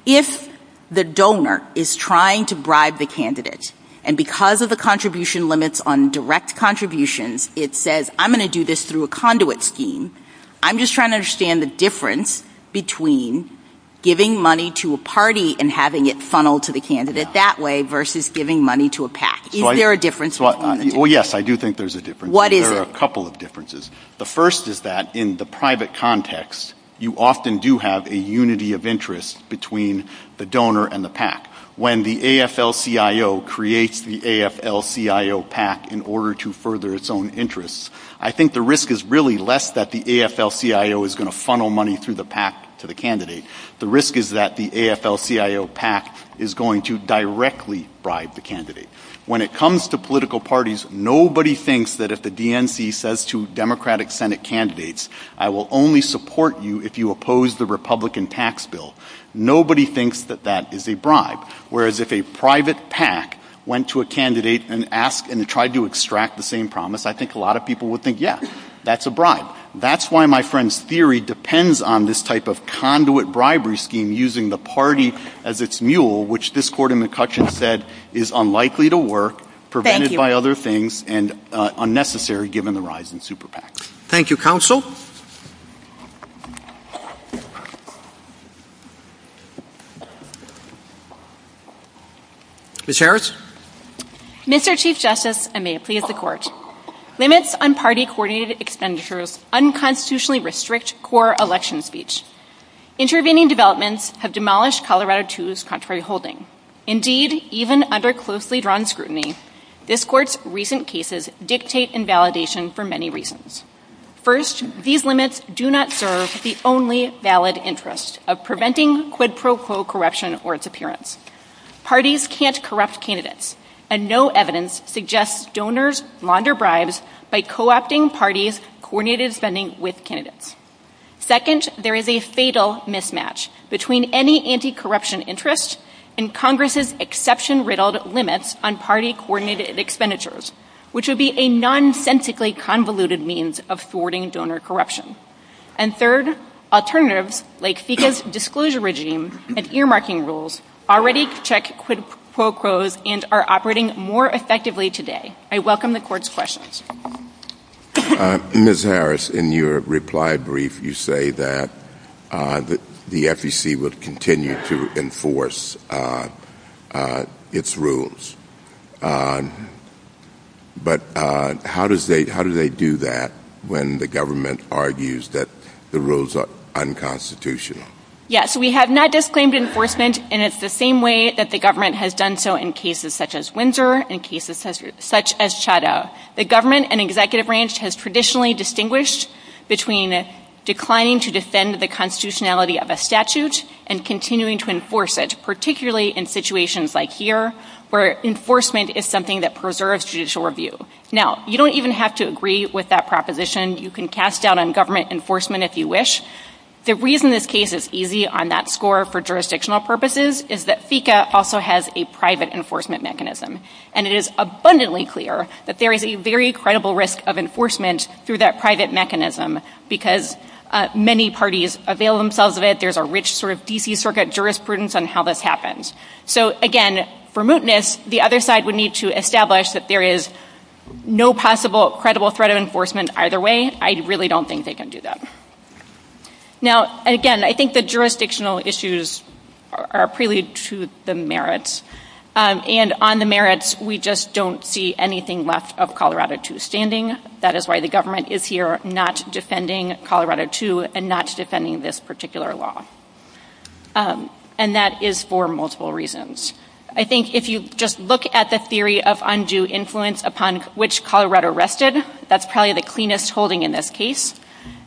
if the donor is trying to bribe the candidate and because of the contribution limits on direct contributions, it says I'm going to do this through a conduit scheme, I'm just trying to understand the difference between giving money to a party and having it funneled to the candidate that way versus giving money to a PAC. Is there a difference? Yes, I do think there's a difference. There are a couple of differences. The first is that in the private context, you often do have a unity of interest between the donor and the PAC. When the AFL-CIO creates the AFL-CIO PAC in order to further its own interests, I think the risk is really less that the AFL-CIO is going to funnel money through the PAC to the candidate. The risk is that the AFL-CIO PAC is going to directly bribe the candidate. When it comes to political parties, nobody thinks that if the DNC says to Democratic Senate candidates, I will only support you if you oppose the Republican tax bill. Nobody thinks that that is a bribe, whereas if a private PAC went to a candidate and tried to extract the same promise, I think a lot of people would think, yes, that's a bribe. That's why my friend's theory depends on this type of conduit bribery scheme using the party as its mule, which this court in McCutcheon said is unlikely to work, prevented by other things, and unnecessary given the rise in super PACs. Thank you, Counsel. Ms. Harris? Mr. Chief Justice, I may please the Court. Limits on party-coordinated expenditures unconstitutionally restrict core election speech. Intervening developments have demolished Colorado II's contrary holding. Indeed, even under closely drawn scrutiny, this Court's recent cases dictate invalidation for many reasons. First, these limits do not serve the only valid interest of preventing quid pro quo corruption or its appearance. Parties can't corrupt candidates, and no evidence suggests donors launder bribes by co-opting parties' coordinated spending with candidates. Second, there is a fatal mismatch between any anti-corruption interest and Congress's exception-riddled limits on party-coordinated expenditures, which would be a nonsensically convoluted means of thwarting donor corruption. And third, alternatives like FECA's disclosure regime and earmarking rules already check quid pro quos and are operating more effectively today. I welcome the Court's questions. Ms. Harris, in your reply brief, you say that the FEC would continue to enforce its rules, but how do they do that when the government argues that the rules are unconstitutional? Yes, we have not disclaimed enforcement, and it's the same way that the government has done so in cases such as Windsor and cases such as Chateau. The government and executive branch has traditionally distinguished between declining to defend the constitutionality of a statute and continuing to enforce it, particularly in situations like here where enforcement is something that preserves judicial review. Now, you don't even have to agree with that proposition. You can cast doubt on government enforcement if you wish. The reason this case is easy on that score for jurisdictional purposes is that FECA also has a private enforcement mechanism, and it is abundantly clear that there is a very credible risk of enforcement through that private mechanism because many parties avail themselves of it. There's a rich sort of D.C. Circuit jurisprudence on how this happens. So, again, for mootness, the other side would need to establish that there is no possible credible threat of enforcement either way. I really don't think they can do that. Now, again, I think the jurisdictional issues are prelude to the merits, and on the merits we just don't see anything left of Colorado II's standing. That is why the government is here not defending Colorado II and not defending this particular law, and that is for multiple reasons. I think if you just look at the theory of undue influence upon which Colorado rested, that's probably the cleanest holding in this case.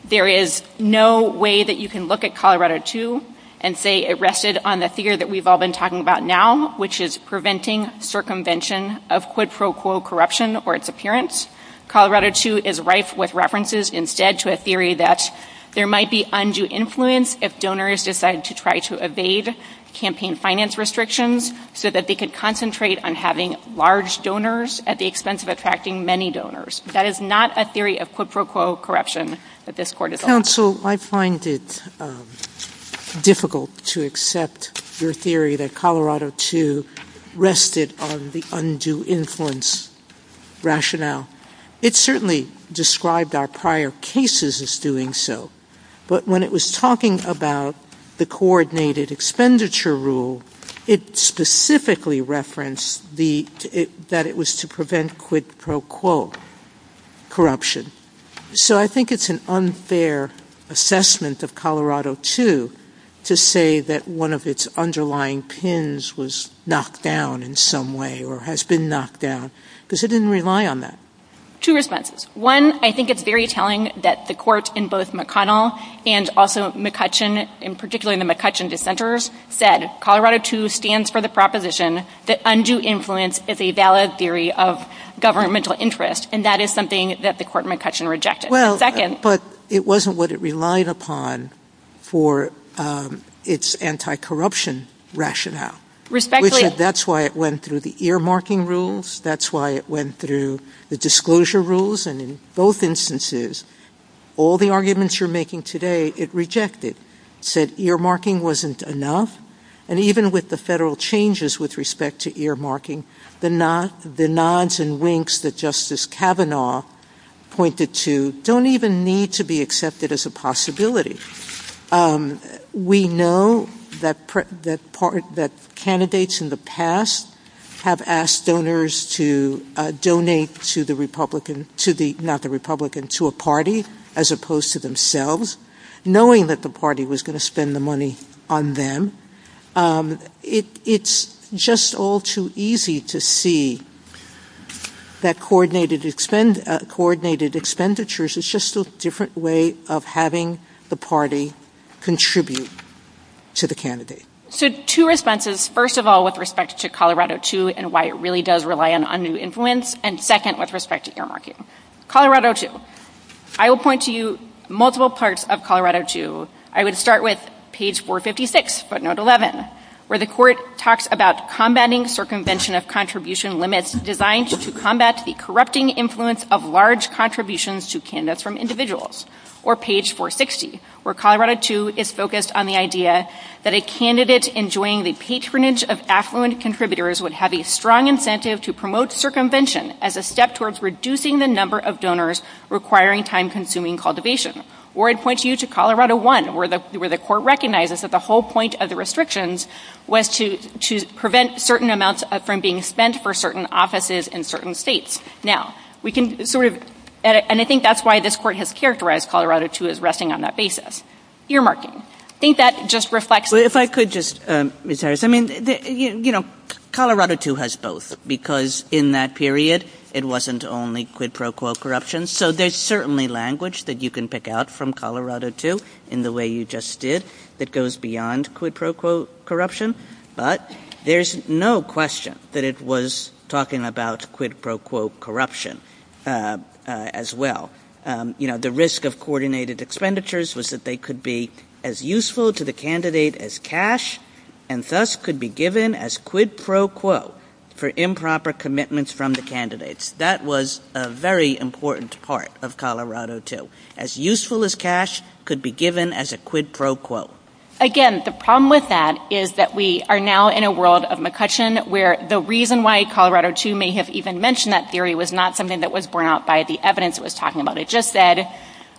There is no way that you can look at Colorado II and say it rested on the theory that we've all been talking about now, which is preventing circumvention of quid pro quo corruption or its appearance. Colorado II is rife with references instead to a theory that there might be undue influence if donors decide to try to evade campaign finance restrictions so that they can concentrate on having large donors at the expense of attracting many donors. That is not a theory of quid pro quo corruption that this Court is on. Counsel, I find it difficult to accept your theory that Colorado II rested on the undue influence rationale. It certainly described our prior cases as doing so, but when it was talking about the coordinated expenditure rule, it specifically referenced that it was to prevent quid pro quo corruption. So I think it's an unfair assessment of Colorado II to say that one of its underlying pins was knocked down in some way or has been knocked down, because it didn't rely on that. Two responses. One, I think it's very telling that the Court in both McConnell and also McCutcheon, in particular the McCutcheon dissenters, said Colorado II stands for the proposition that undue influence is a valid theory of governmental interest, and that is something that the Court McCutcheon rejected. But it wasn't what it relied upon for its anti-corruption rationale. Respectfully. That's why it went through the earmarking rules. That's why it went through the disclosure rules. And in both instances, all the arguments you're making today, it rejected. It said earmarking wasn't enough. And even with the federal changes with respect to earmarking, the nods and winks that Justice Kavanaugh pointed to don't even need to be accepted as a possibility. We know that candidates in the past have asked donors to donate to the Republican, not the Republican, to a party as opposed to themselves, knowing that the party was going to spend the money on them. It's just all too easy to see that coordinated expenditures is just a different way of having the party contribute to the candidate. So two responses. First of all, with respect to Colorado II and why it really does rely on undue influence. And second, with respect to earmarking. Colorado II. I will point to you multiple parts of Colorado II. I would start with page 456, footnote 11, where the court talks about combating circumvention of contribution limits designed to combat the corrupting influence of large contributions to candidates from individuals. Or page 460, where Colorado II is focused on the idea that a candidate enjoying the patronage of affluent contributors would have a strong incentive to promote circumvention as a step towards reducing the number of donors requiring time-consuming cultivation. Or I'd point you to Colorado I, where the court recognizes that the whole point of the restrictions was to prevent certain amounts from being spent for certain offices in certain states. Now, we can sort of, and I think that's why this court has characterized Colorado II as resting on that basis. Earmarking. I think that just reflects... If I could just, Ms. Harris, I mean, you know, Colorado II has both, because in that period, it wasn't only quid pro quo corruption. So there's certainly language that you can pick out from Colorado II in the way you just did. It goes beyond quid pro quo corruption, but there's no question that it was talking about quid pro quo corruption as well. You know, the risk of coordinated expenditures was that they could be as useful to the candidate as cash and thus could be given as quid pro quo for improper commitments from the candidates. That was a very important part of Colorado II. As useful as cash could be given as a quid pro quo. Again, the problem with that is that we are now in a world of McCutcheon where the reason why Colorado II may have even mentioned that theory was not something that was borne out by the evidence it was talking about. It just said,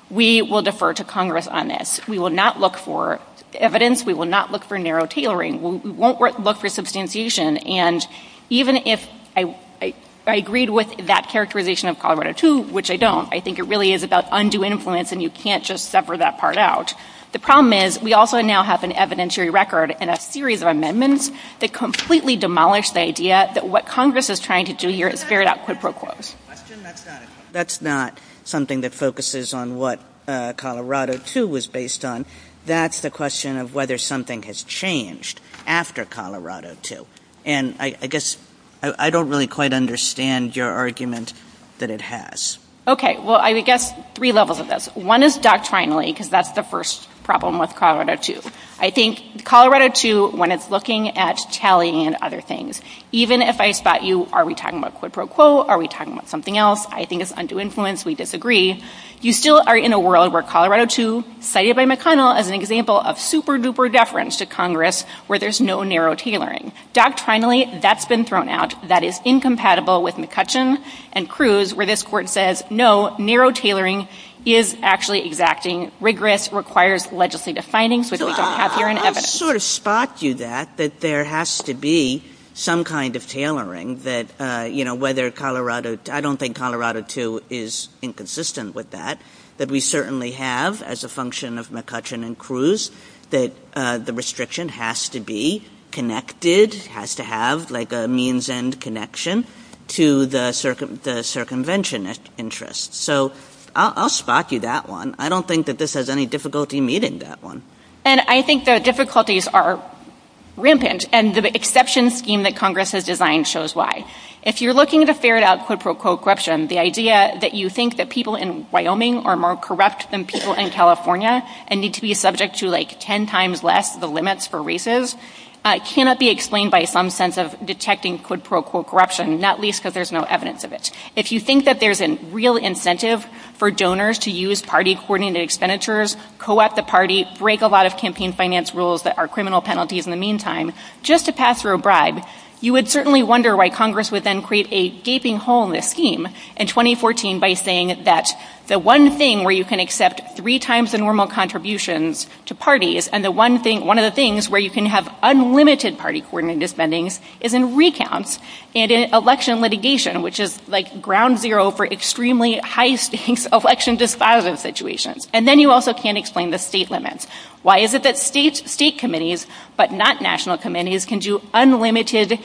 we will defer to Congress on this. We will not look for evidence. We will not look for narrow tailoring. We won't look for substantiation. And even if I agreed with that characterization of Colorado II, which I don't, I think it really is about undue influence and you can't just separate that part out. The problem is we also now have an evidentiary record and a series of amendments that completely demolish the idea that what Congress is trying to do here is ferret out quid pro quo. That's not something that focuses on what Colorado II was based on. That's the question of whether something has changed after Colorado II. And I guess I don't really quite understand your argument that it has. Okay, well, I would guess three levels of this. One is doctrinally, because that's the first problem with Colorado II. I think Colorado II, when it's looking at tallying and other things, even if I thought you, are we talking about quid pro quo? Are we talking about something else? I think it's undue influence. We disagree. You still are in a world where Colorado II, cited by McConnell as an example of super duper deference to Congress where there's no narrow tailoring. Doctrinally, that's been thrown out. That is incompatible with McCutcheon and Cruz, where this Court says, no, narrow tailoring is actually exacting. Rigorous requires legislative findings. So those don't have their own evidence. I sort of spot you that, that there has to be some kind of tailoring that, you know, whether Colorado II, I don't think Colorado II is inconsistent with that, that we certainly have as a function of McCutcheon and Cruz that the restriction has to be connected, has to have like a means end connection to the circumvention interests. So I'll spot you that one. I don't think that this has any difficulty meeting that one. And I think the difficulties are rampant and the exception scheme that Congress has designed shows why. If you're looking at a fair doubt quid pro quo corruption, the idea that you think that people in Wyoming are more corrupt than people in California and need to be subject to like 10 times less the limits for races, cannot be explained by some sense of detecting quid pro quo corruption, not least because there's no evidence of it. If you think that there's a real incentive for donors to use party-coordinated expenditures, co-opt the party, break a lot of campaign finance rules that are criminal penalties in the meantime, just to pass through a bribe, you would certainly wonder why Congress would then create a gaping hole in the scheme in 2014 by saying that the one thing where you can accept three times the normal contributions to parties and one of the things where you can have unlimited party-coordinated spendings is in recounts and in election litigation, which is like ground zero for extremely high-stakes election disposal situations. And then you also can't explain the state limits. Why is it that state committees, but not national committees, can do unlimited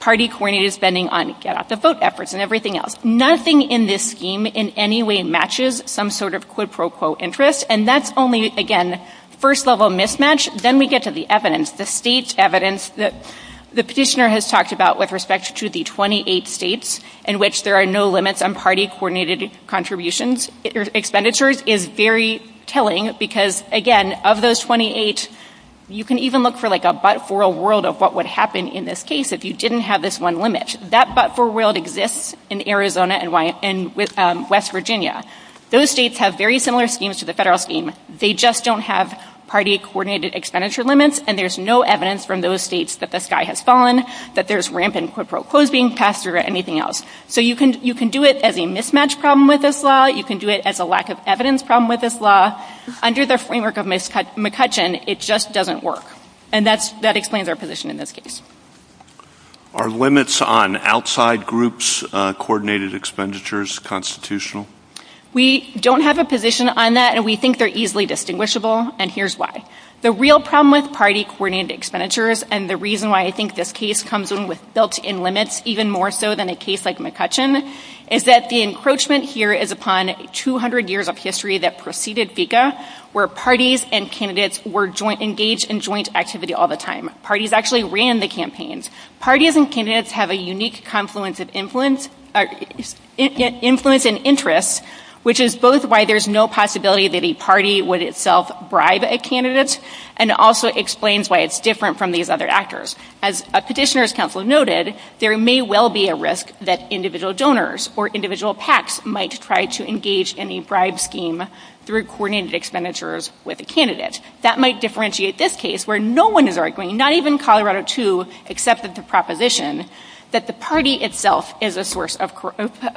party-coordinated spending on get-out-the-vote efforts and everything else? Nothing in this scheme in any way matches some sort of quid pro quo interest, and that's only, again, first-level mismatch. Then we get to the evidence, the state evidence, that the petitioner has talked about with respect to the 28 states in which there are no limits on party-coordinated contributions, expenditures, is very telling because, again, of those 28, you can even look for like a but-for world of what would happen in this case if you didn't have this one limit. That but-for world exists in Arizona and West Virginia. Those states have very similar schemes to the federal scheme. They just don't have party-coordinated expenditure limits, and there's no evidence from those states that this guy has fallen, that there's rampant quid pro quo being passed or anything else. So you can do it as a mismatch problem with this law. You can do it as a lack-of-evidence problem with this law. Under the framework of McCutcheon, it just doesn't work, and that explains our position in this case. Are limits on outside groups' coordinated expenditures constitutional? We don't have a position on that, and we think they're easily distinguishable, and here's why. The real problem with party-coordinated expenditures, and the reason why I think this case comes in with built-in limits even more so than a case like McCutcheon, is that the encroachment here is upon 200 years of history that preceded FECA where parties and candidates were engaged in joint activity all the time. Parties actually ran the campaigns. Parties and candidates have a unique confluence of influence and interest, which is both why there's no possibility that a party would itself bribe a candidate and also explains why it's different from these other actors. As a petitioner's counsel noted, there may well be a risk that individual donors or individual PACs might try to engage in a bribe scheme through coordinated expenditures with a candidate. That might differentiate this case where no one is arguing, not even Colorado II accepted the proposition, that the party itself is a source of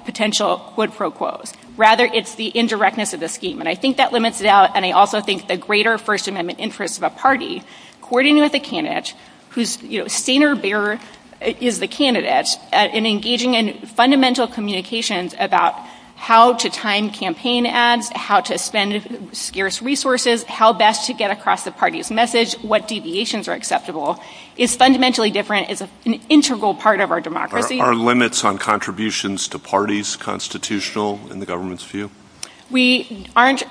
potential, quote-unquote. Rather, it's the indirectness of the scheme, and I think that limits it out, and I also think the greater First Amendment interest of a party coordinating with a candidate whose, you know, standard bearer is the candidate and engaging in fundamental communications about how to time campaign ads, how to spend scarce resources, how best to get across the party's message, what deviations are acceptable is fundamentally different. It's an integral part of our democracy. Are limits on contributions to parties constitutional in the government's view? We aren't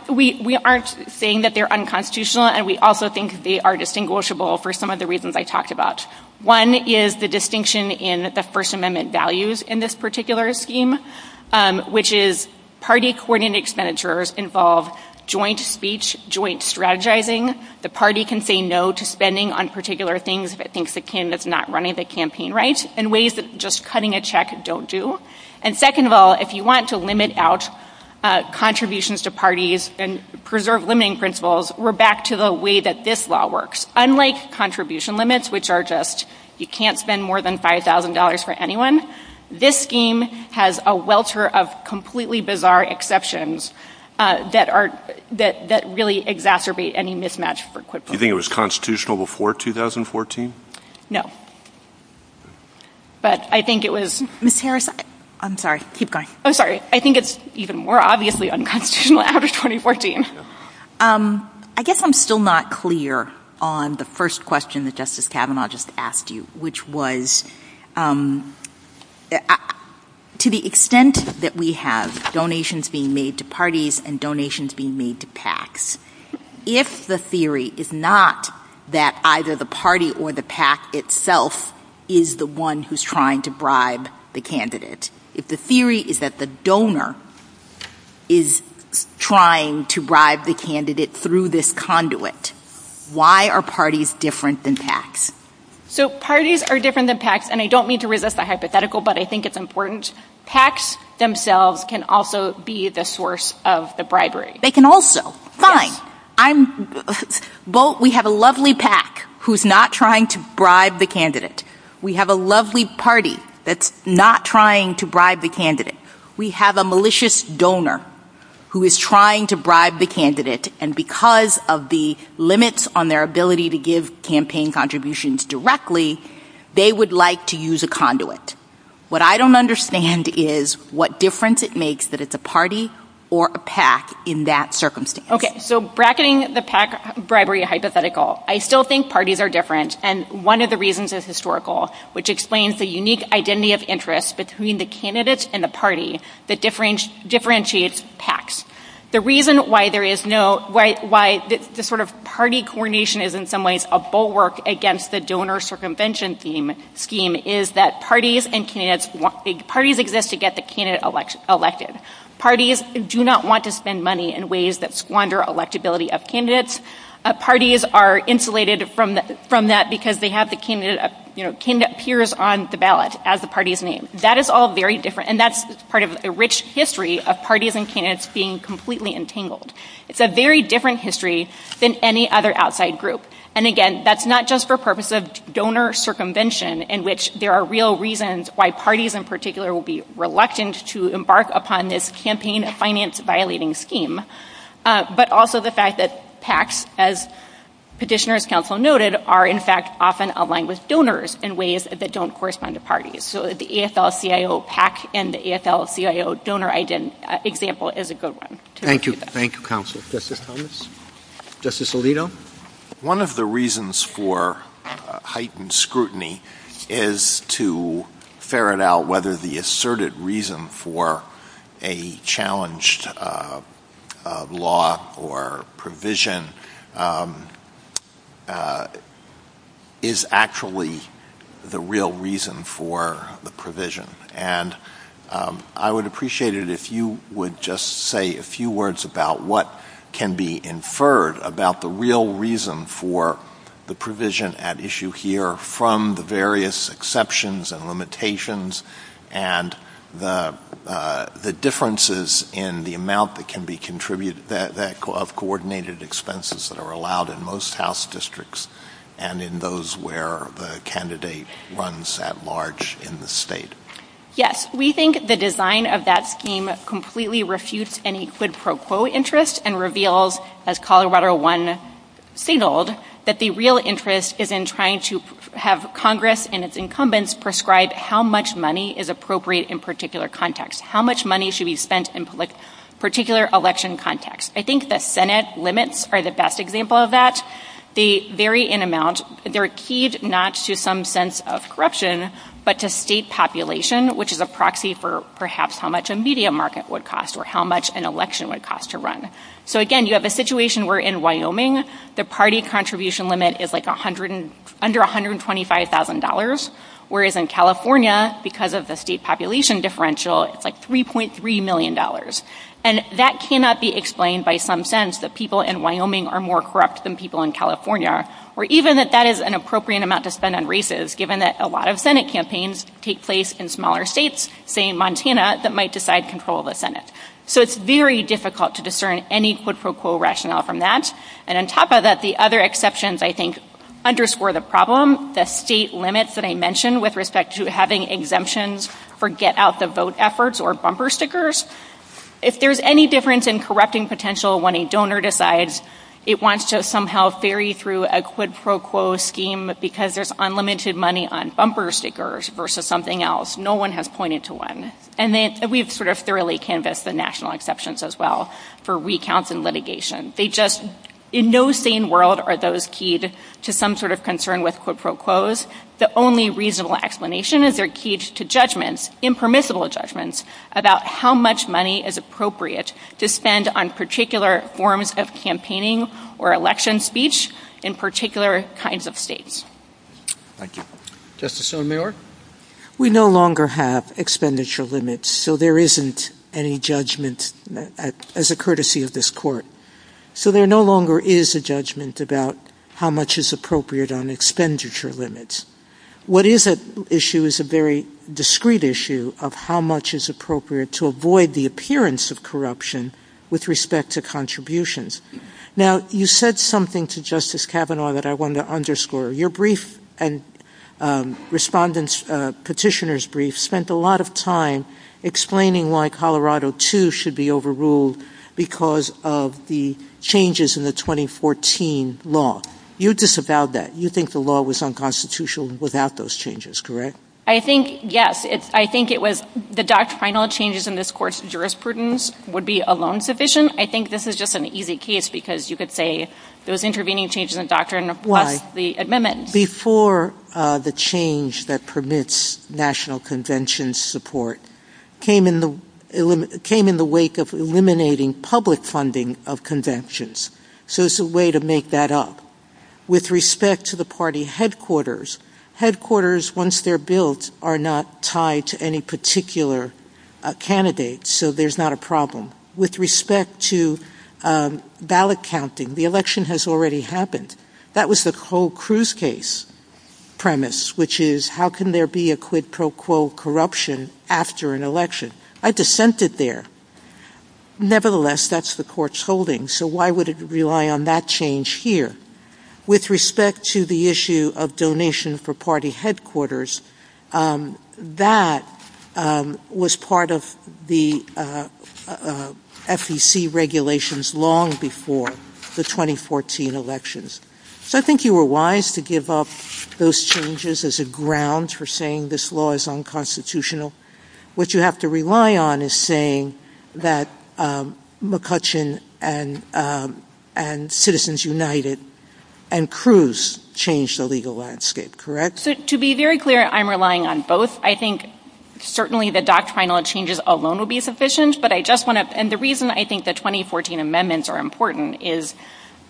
saying that they're unconstitutional, and we also think they are distinguishable for some of the reasons I talked about. One is the distinction in the First Amendment values in this particular scheme, which is party coordinated expenditures involve joint speech, joint strategizing. The party can say no to spending on particular things that thinks the candidate is not running the campaign right, and ways that just cutting a check don't do. And second of all, if you want to limit out contributions to parties and preserve limiting principles, we're back to the way that this law works. Unlike contribution limits, which are just you can't spend more than $5,000 for anyone, this scheme has a welter of completely bizarre exceptions that really exacerbate any mismatch. Do you think it was constitutional before 2014? No, but I think it was. Ms. Harris, I'm sorry. Keep going. I'm sorry. I think it's even more obviously unconstitutional after 2014. I guess I'm still not clear on the first question that Justice Kavanaugh just asked you, which was to the extent that we have donations being made to parties and donations being made to PACs, if the theory is not that either the party or the PAC itself is the one who's trying to bribe the candidate, if the theory is that the donor is trying to bribe the candidate through this conduit, why are parties different than PACs? So parties are different than PACs, and I don't mean to resist the hypothetical, but I think it's important. PACs themselves can also be the source of the bribery. They can also. Fine. But we have a lovely PAC who's not trying to bribe the candidate. We have a lovely party that's not trying to bribe the candidate. We have a malicious donor who is trying to bribe the candidate, and because of the limits on their ability to give campaign contributions directly, they would like to use a conduit. What I don't understand is what difference it makes that it's a party or a PAC in that circumstance. Okay, so bracketing the PAC bribery hypothetical, I still think parties are different, and one of the reasons is historical, which explains the unique identity of interest between the candidate and the party that differentiates PACs. The reason why the sort of party coordination is in some ways a bulwark against the donor circumvention scheme is that parties exist to get the candidate elected. Parties do not want to spend money in ways that squander electability of candidates. Parties are insulated from that because they have the candidate peers on the ballot as the party's name. And that's part of a rich history of parties and candidates being completely entangled. It's a very different history than any other outside group. And again, that's not just for purposes of donor circumvention in which there are real reasons why parties in particular will be reluctant to embark upon this campaign finance violating scheme, but also the fact that PACs, as Petitioner's Council noted, are in fact often aligned with donors in ways that don't correspond to parties. So the ASL-CIO PAC and the ASL-CIO donor example is a good one. Thank you. Thank you, Counsel. Justice Thomas? Justice Alito? One of the reasons for heightened scrutiny is to ferret out whether the asserted reason for a challenged law or provision is actually the real reason for the provision. And I would appreciate it if you would just say a few words about what can be inferred about the real reason for the provision at issue here from the various exceptions and limitations and the differences in the amount that can be contributed of coordinated expenses that are allowed in most House districts and in those where the candidate runs at large in the state. Yes. We think the design of that scheme completely refutes any quid pro quo interest and reveals, as Colorado One singled, that the real interest is in trying to have Congress and its incumbents prescribe how much money is appropriate in particular context, how much money should be spent in particular election context. I think that Senate limits are the best example of that. They vary in amount. They're keyed not to some sense of corruption but to state population, which is a proxy for perhaps how much a media market would cost or how much an election would cost to run. So again, you have a situation where in Wyoming, the party contribution limit is like under $125,000, whereas in California, because of the state population differential, it's like $3.3 million. And that cannot be explained by some sense that people in Wyoming are more corrupt than people in California, or even that that is an appropriate amount to spend on races, given that a lot of Senate campaigns take place in smaller states, say in Montana, that might decide control of the Senate. So it's very difficult to discern any quid pro quo rationale from that. And on top of that, the other exceptions, I think, underscore the problem, the state limits that I mentioned with respect to having exemptions for get-out-the-vote efforts or bumper stickers. If there's any difference in corrupting potential when a donor decides it wants to somehow ferry through a quid pro quo scheme because there's unlimited money on bumper stickers versus something else, no one has pointed to one. And we've sort of thoroughly canvassed the national exceptions as well for recounts and litigation. They just, in no sane world are those keyed to some sort of concern with quid pro quos. The only reasonable explanation is they're keyed to judgments, impermissible judgments, about how much money is appropriate to spend on particular forms of campaigning or election speech in particular kinds of states. Thank you. Justice O'Meara? We no longer have expenditure limits, so there isn't any judgment as a courtesy of this court. So there no longer is a judgment about how much is appropriate on expenditure limits. What is at issue is a very discrete issue of how much is appropriate to avoid the appearance of corruption with respect to contributions. Now, you said something to Justice Kavanaugh that I want to underscore. Your brief and Respondent Petitioner's brief spent a lot of time explaining why Colorado 2 should be overruled because of the changes in the 2014 law. You disavowed that. You think the law was unconstitutional without those changes, correct? I think, yes. I think it was the doctrinal changes in this court's jurisprudence would be alone sufficient. I think this is just an easy case because you could say those intervening changes in the doctrine of the amendment. Before the change that permits national convention support came in the wake of eliminating public funding of conventions. So it's a way to make that up. With respect to the party headquarters, headquarters, once they're built, are not tied to any particular candidate, so there's not a problem. With respect to ballot counting, the election has already happened. That was the whole Cruz case premise, which is how can there be a quid pro quo corruption after an election? I dissented there. Nevertheless, that's the court's holding, so why would it rely on that change here? With respect to the issue of donation for party headquarters, that was part of the FEC regulations long before the 2014 elections. So I think you were wise to give up those changes as a ground for saying this law is unconstitutional. What you have to rely on is saying that McCutcheon and Citizens United and Cruz changed the legal landscape, correct? To be very clear, I'm relying on both. I think certainly the doctrinal changes alone will be sufficient. The reason I think the 2014 amendments are important is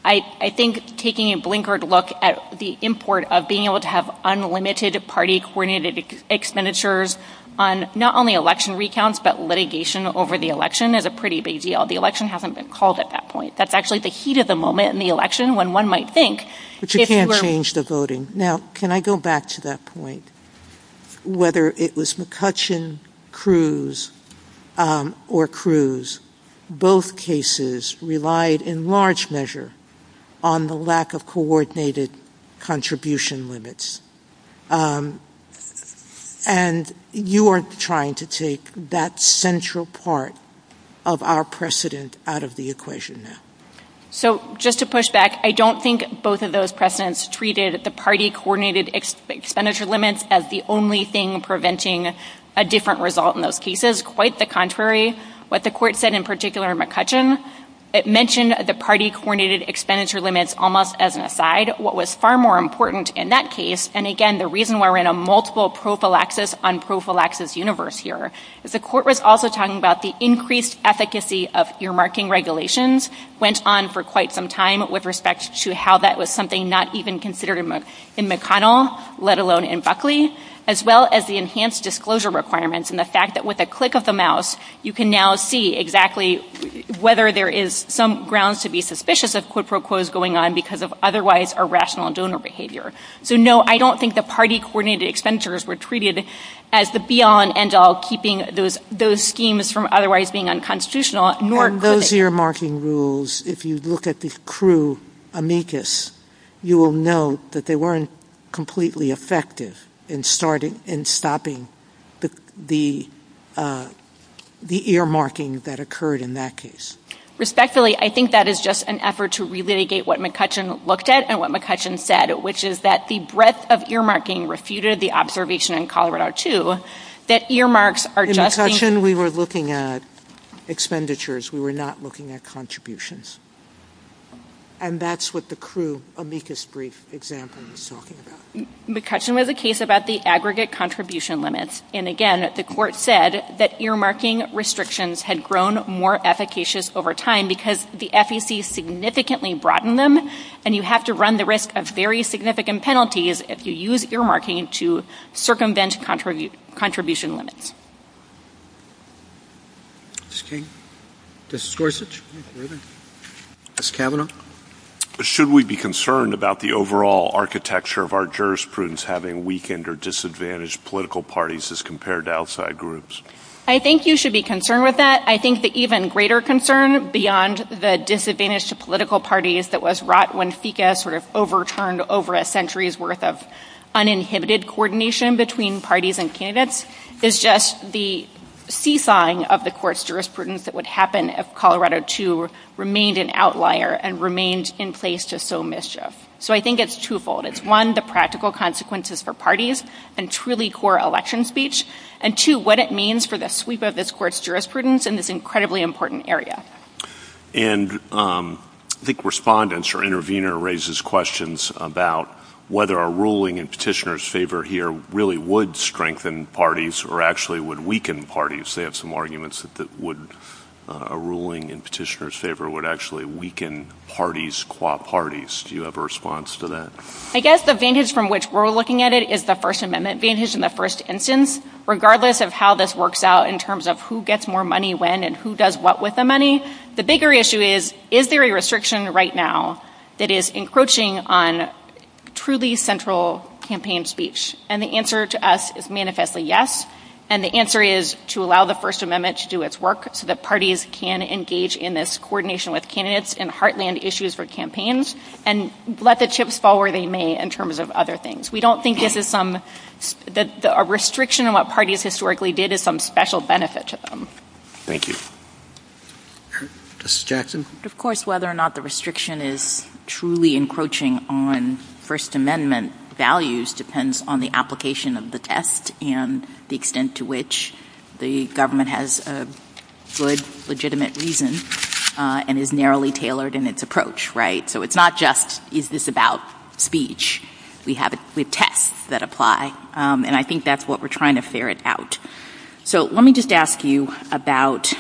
I think taking a blinkered look at the import of being able to have unlimited party coordinated expenditures on not only election recounts but litigation over the election is a pretty big deal. The election hasn't been called at that point. That's actually the heat of the moment in the election when one might think... But you can't change the voting. Now, can I go back to that point? Whether it was McCutcheon, Cruz, or Cruz, both cases relied in large measure on the lack of coordinated contribution limits. And you are trying to take that central part of our precedent out of the equation now. So just to push back, I don't think both of those precedents treated the party coordinated expenditure limits as the only thing preventing a different result in those cases. Quite the contrary. What the court said in particular in McCutcheon, it mentioned the party coordinated expenditure limits almost as an aside. What was far more important in that case, and again, the reason we're in a multiple prophylaxis, unprophylaxis universe here, is the court was also talking about the increased efficacy of earmarking regulations, went on for quite some time with respect to how that was something not even considered in McConnell, let alone in Buckley, as well as the enhanced disclosure requirements and the fact that with a click of the mouse, you can now see exactly whether there is some grounds to be suspicious of quid pro quos going on because of otherwise irrational donor behavior. So no, I don't think the party coordinated expenditures were treated as the be-all and end-all, keeping those schemes from otherwise being unconstitutional. Those earmarking rules, if you look at the crew amicus, you will know that they weren't completely effective in stopping the earmarking that occurred in that case. Respectfully, I think that is just an effort to relegate what McCutcheon looked at and what McCutcheon said, which is that the breadth of earmarking refuted the observation in Colorado, too, that earmarks are just... In McCutcheon, we were looking at expenditures. We were not looking at contributions. And that's what the crew amicus brief example is talking about. McCutcheon was a case about the aggregate contribution limits. And again, the court said that earmarking restrictions had grown more efficacious over time because the FEC significantly broadened them, and you have to run the risk of very significant penalties if you use earmarking to circumvent contribution limits. Mr. King? Justice Gorsuch? Ms. Kavanaugh? Should we be concerned about the overall architecture of our jurisprudence having weakened or disadvantaged political parties as compared to outside groups? I think you should be concerned with that. I think the even greater concern beyond the disadvantaged political parties that was wrought when FECA sort of overturned over a century's worth of uninhibited coordination between parties and candidates is just the seesawing of the court's jurisprudence that would happen if Colorado II remained an outlier and remained in place to sow mischief. So I think it's twofold. It's, one, the practical consequences for parties and truly core election speech, and, two, what it means for the sweep of this court's jurisprudence in this incredibly important area. And I think respondents or intervener raises questions about whether a ruling in petitioner's favor here really would strengthen parties or actually would weaken parties. They have some arguments that a ruling in petitioner's favor would actually weaken parties qua parties. Do you have a response to that? I guess the vantage from which we're looking at it is the First Amendment vantage in the first instance. Regardless of how this works out in terms of who gets more money when and who does what with the money, the bigger issue is, is there a restriction right now that is encroaching on truly central campaign speech? And the answer to us is manifestly yes. And the answer is to allow the First Amendment to do its work so that parties can engage in this coordination with candidates and heartland issues for campaigns and let the chips fall where they may in terms of other things. We don't think this is some, a restriction on what parties historically did is some special benefit to them. Thank you. Justice Jackson? Of course, whether or not the restriction is truly encroaching on First Amendment values depends on the application of the test and the extent to which the government has a good legitimate reason and is narrowly tailored in its approach, right? So it's not just, is this about speech? We have tests that apply. And I think that's what we're trying to ferret out. So let me just ask you about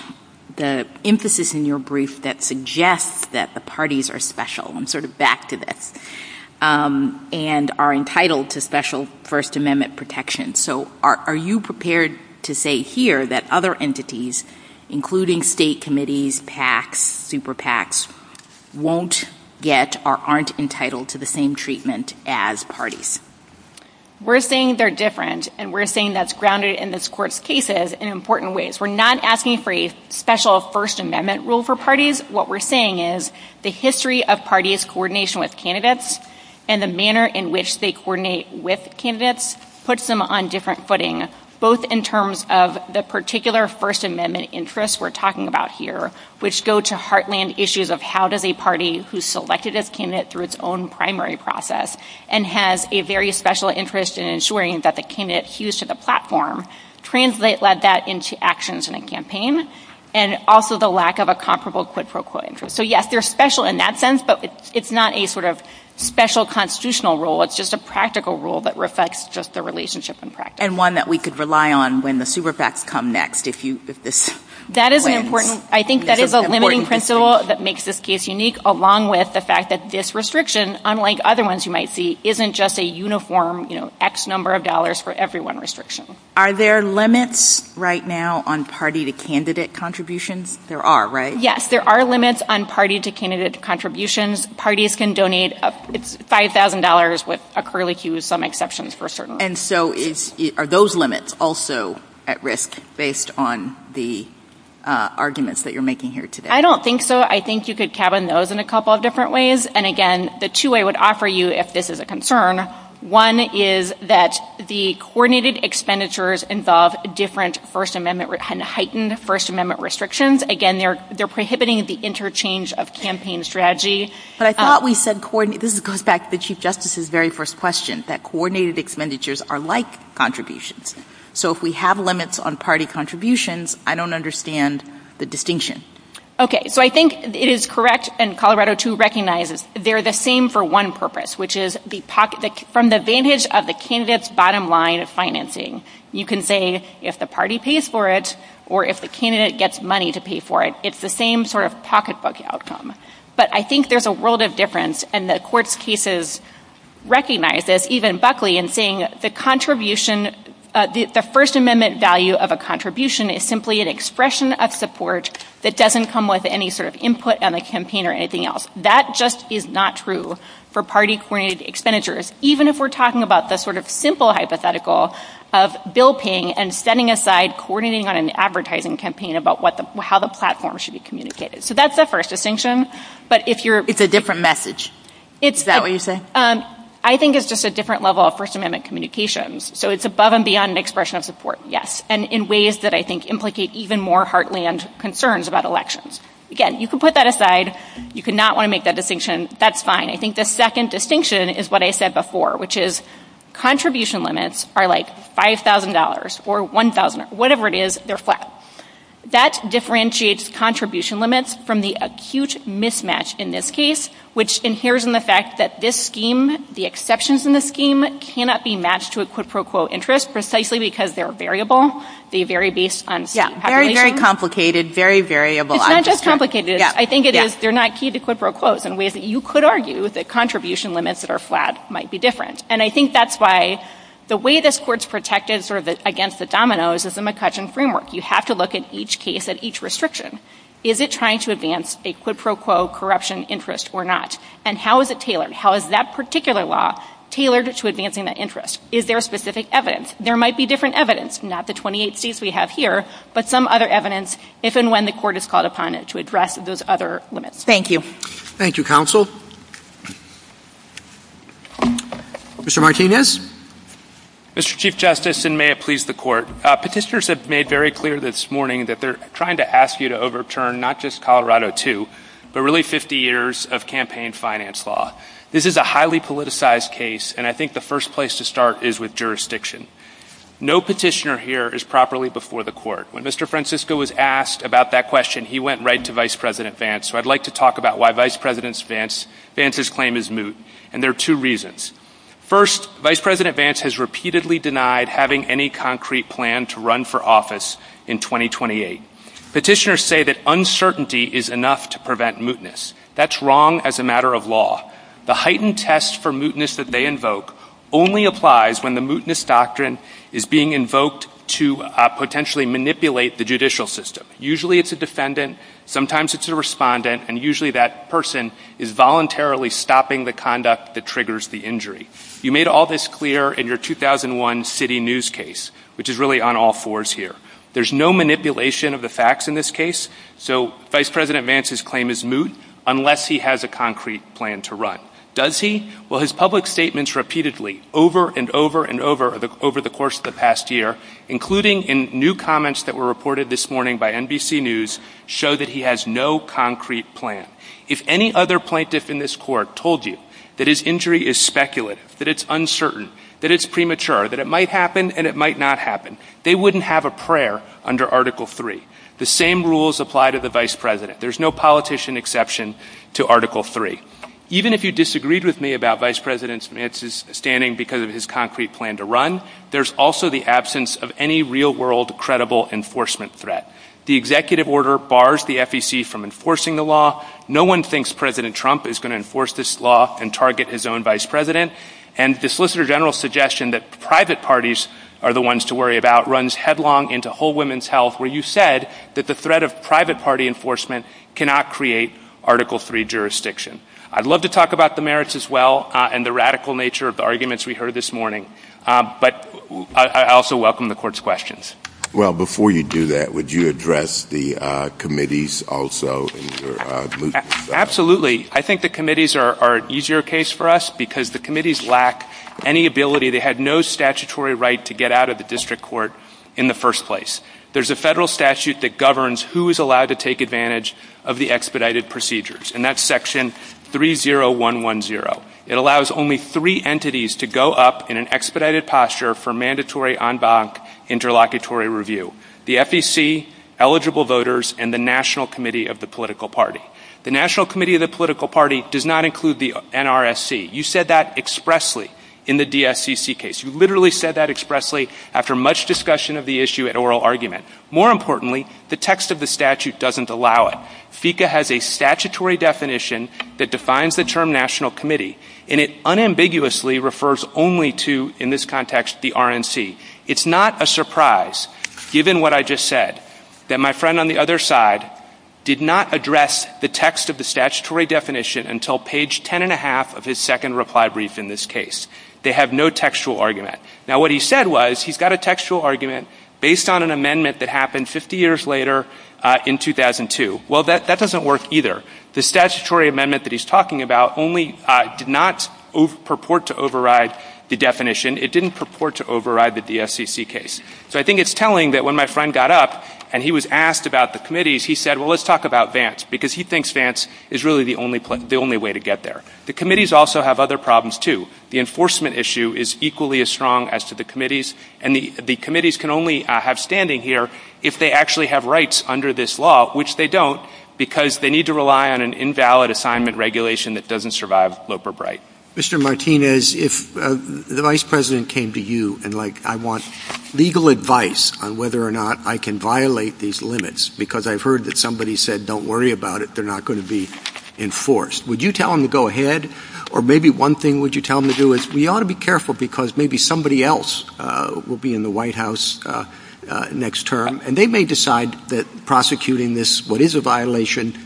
the emphasis in your brief that suggests that the parties are special. I'm sort of back to this. And are entitled to special First Amendment protection. So are you prepared to say here that other entities, including state committees, PACs, super PACs, won't get or aren't entitled to the same treatment as parties? We're saying they're different. And we're saying that's grounded in this Court's cases in important ways. We're not asking for a special First Amendment rule for parties. What we're saying is the history of parties' coordination with candidates and the manner in which they coordinate with candidates puts them on different footing, both in terms of the particular First Amendment interests we're talking about here, which go to heartland issues of how does a party who's selected its candidate through its own primary process and has a very special interest in ensuring that the candidate's used to the platform, translate that into actions in a campaign, and also the lack of a comparable quid pro quo interest. So, yes, they're special in that sense, but it's not a sort of special constitutional rule. It's just a practical rule that reflects just the relationship in practice. And one that we could rely on when the super PACs come next, if this... That is an important... I think that is a limiting principle that makes this case unique, along with the fact that this restriction, unlike other ones you might see, isn't just a uniform, you know, X number of dollars for everyone restriction. Are there limits right now on party-to-candidate contributions? There are, right? Yes, there are limits on party-to-candidate contributions. Parties can donate $5,000 with a curlicue, some exceptions for certain. And so are those limits also at risk, based on the arguments that you're making here today? I don't think so. I think you could tab on those in a couple of different ways. And, again, the two I would offer you, if this is a concern, one is that the coordinated expenditures involve different First Amendment and heightened First Amendment restrictions. Again, they're prohibiting the interchange of campaign strategy. But I thought we said coordinated... This goes back to the Chief Justice's very first question, that coordinated expenditures are like contributions. So if we have limits on party contributions, I don't understand the distinction. Okay, so I think it is correct, and Colorado, too, recognizes, they're the same for one purpose, which is from the vantage of the candidate's bottom line financing. You can say, if the party pays for it, or if the candidate gets money to pay for it, it's the same sort of pocketbook outcome. But I think there's a world of difference, and the court's cases recognize this, even Buckley, in saying the contribution, the First Amendment value of a contribution is simply an expression of support that doesn't come with any sort of input on the campaign or anything else. That just is not true for party-coordinated expenditures, even if we're talking about the sort of simple hypothetical of bill paying and setting aside coordinating on an advertising campaign about how the platform should be communicated. So that's the first distinction. But if you're... It's a different message. Is that what you're saying? I think it's just a different level of First Amendment communications. So it's above and beyond an expression of support, yes, and in ways that I think implicate even more heartland concerns about elections. Again, you can put that aside. You could not want to make that distinction. That's fine. I think the second distinction is what I said before, which is contribution limits are like $5,000 or $1,000, or whatever it is, they're flat. That differentiates contribution limits from the acute mismatch in this case, which inheres in the fact that this scheme, the exceptions in the scheme, cannot be matched to a quid pro quo interest precisely because they're variable. They vary based on population. Very complicated, very variable. It's not just complicated. I think it is. They're not key to quid pro quos in ways that you could argue that contribution limits that are flat might be different. And I think that's why the way this court's protected sort of against the dominoes is the McCutcheon framework. You have to look at each case at each restriction. Is it trying to advance a quid pro quo corruption interest or not? And how is it tailored? How is that particular law tailored to advancing that interest? Is there specific evidence? There might be different evidence, not the 28 states we have here, but some other evidence if and when the court is called upon to address those other limits. Thank you. Thank you, counsel. Mr. Martinez? Mr. Chief Justice, and may it please the court, petitioners have made very clear this morning that they're trying to ask you to overturn not just Colorado II, but really 50 years of campaign finance law. This is a highly politicized case, and I think the first place to start is with jurisdiction. No petitioner here is properly before the court. When Mr. Francisco was asked about that question, he went right to Vice President Vance. So I'd like to talk about why Vice President Vance's claim is moot, and there are two reasons. First, Vice President Vance has repeatedly denied having any concrete plan to run for office in 2028. Petitioners say that uncertainty is enough to prevent mootness. That's wrong as a matter of law. The heightened test for mootness that they invoke only applies when the mootness doctrine is being invoked to potentially manipulate the judicial system. Usually it's a defendant. Sometimes it's a respondent, and usually that person is voluntarily stopping the conduct that triggers the injury. You made all this clear in your 2001 city news case, which is really on all fours here. There's no manipulation of the facts in this case, so Vice President Vance's claim is moot unless he has a concrete plan to run. Does he? Well, his public statements repeatedly over and over and over the course of the past year, including in new comments that were reported this morning by NBC News, show that he has no concrete plan. If any other plaintiff in this court told you that his injury is speculative, that it's uncertain, that it's premature, that it might happen and it might not happen, they wouldn't have a prayer under Article III. The same rules apply to the Vice President. There's no politician exception to Article III. Even if you disagreed with me about Vice President Vance's standing because of his concrete plan to run, there's also the absence of any real world credible enforcement threat. The executive order bars the FEC from enforcing the law. No one thinks President Trump is going to enforce this law and target his own Vice President, and the Solicitor General's suggestion that private parties are the ones to worry about runs headlong into whole women's health where you said that the threat of private party enforcement cannot create Article III jurisdiction. I'd love to talk about the merits as well and the radical nature of the arguments we heard this morning, but I also welcome the court's questions. Well, before you do that, would you address the committees also? Absolutely. I think the committees are an easier case for us because the committees lack any ability. They had no statutory right to get out of the district court in the first place. There's a federal statute that governs who is allowed to take advantage of the expedited procedures, and that's Section 30110. It allows only three entities to go up in an expedited posture for mandatory en banc interlocutory review, the FEC, eligible voters, and the National Committee of the Political Party. The National Committee of the Political Party does not include the NRSC. You said that expressly in the DSCC case. You literally said that expressly after much discussion of the issue at oral argument. More importantly, the text of the statute doesn't allow it. FECA has a statutory definition that defines the term National Committee, and it unambiguously refers only to, in this context, the RNC. It's not a surprise, given what I just said, that my friend on the other side did not address the text of the statutory definition until page 10 and a half of his second reply brief in this case. They have no textual argument. Now what he said was he's got a textual argument based on an amendment that happened 50 years later in 2002. Well, that doesn't work either. The statutory amendment that he's talking about only did not purport to override the definition. It didn't purport to override the DSCC case. So I think it's telling that when my friend got up and he was asked about the committees, he said, let's talk about Vance, because he thinks Vance is really the only way to get there. The committees also have other problems, too. The enforcement issue is equally as strong as to the committees, and the committees can only have standing here if they actually have rights under this law, which they don't, because they need to rely on an invalid assignment regulation that doesn't survive Loper-Bright. Mr. Martinez, if the Vice President came to you and, like, I want legal advice on whether or not I can violate these limits, because I've heard that somebody said, don't worry about it. They're not going to be enforced. Would you tell him to go ahead? Or maybe one thing would you tell him to do is we ought to be careful because maybe somebody else will be in the White House next term, and they may decide that prosecuting this, what is a violation,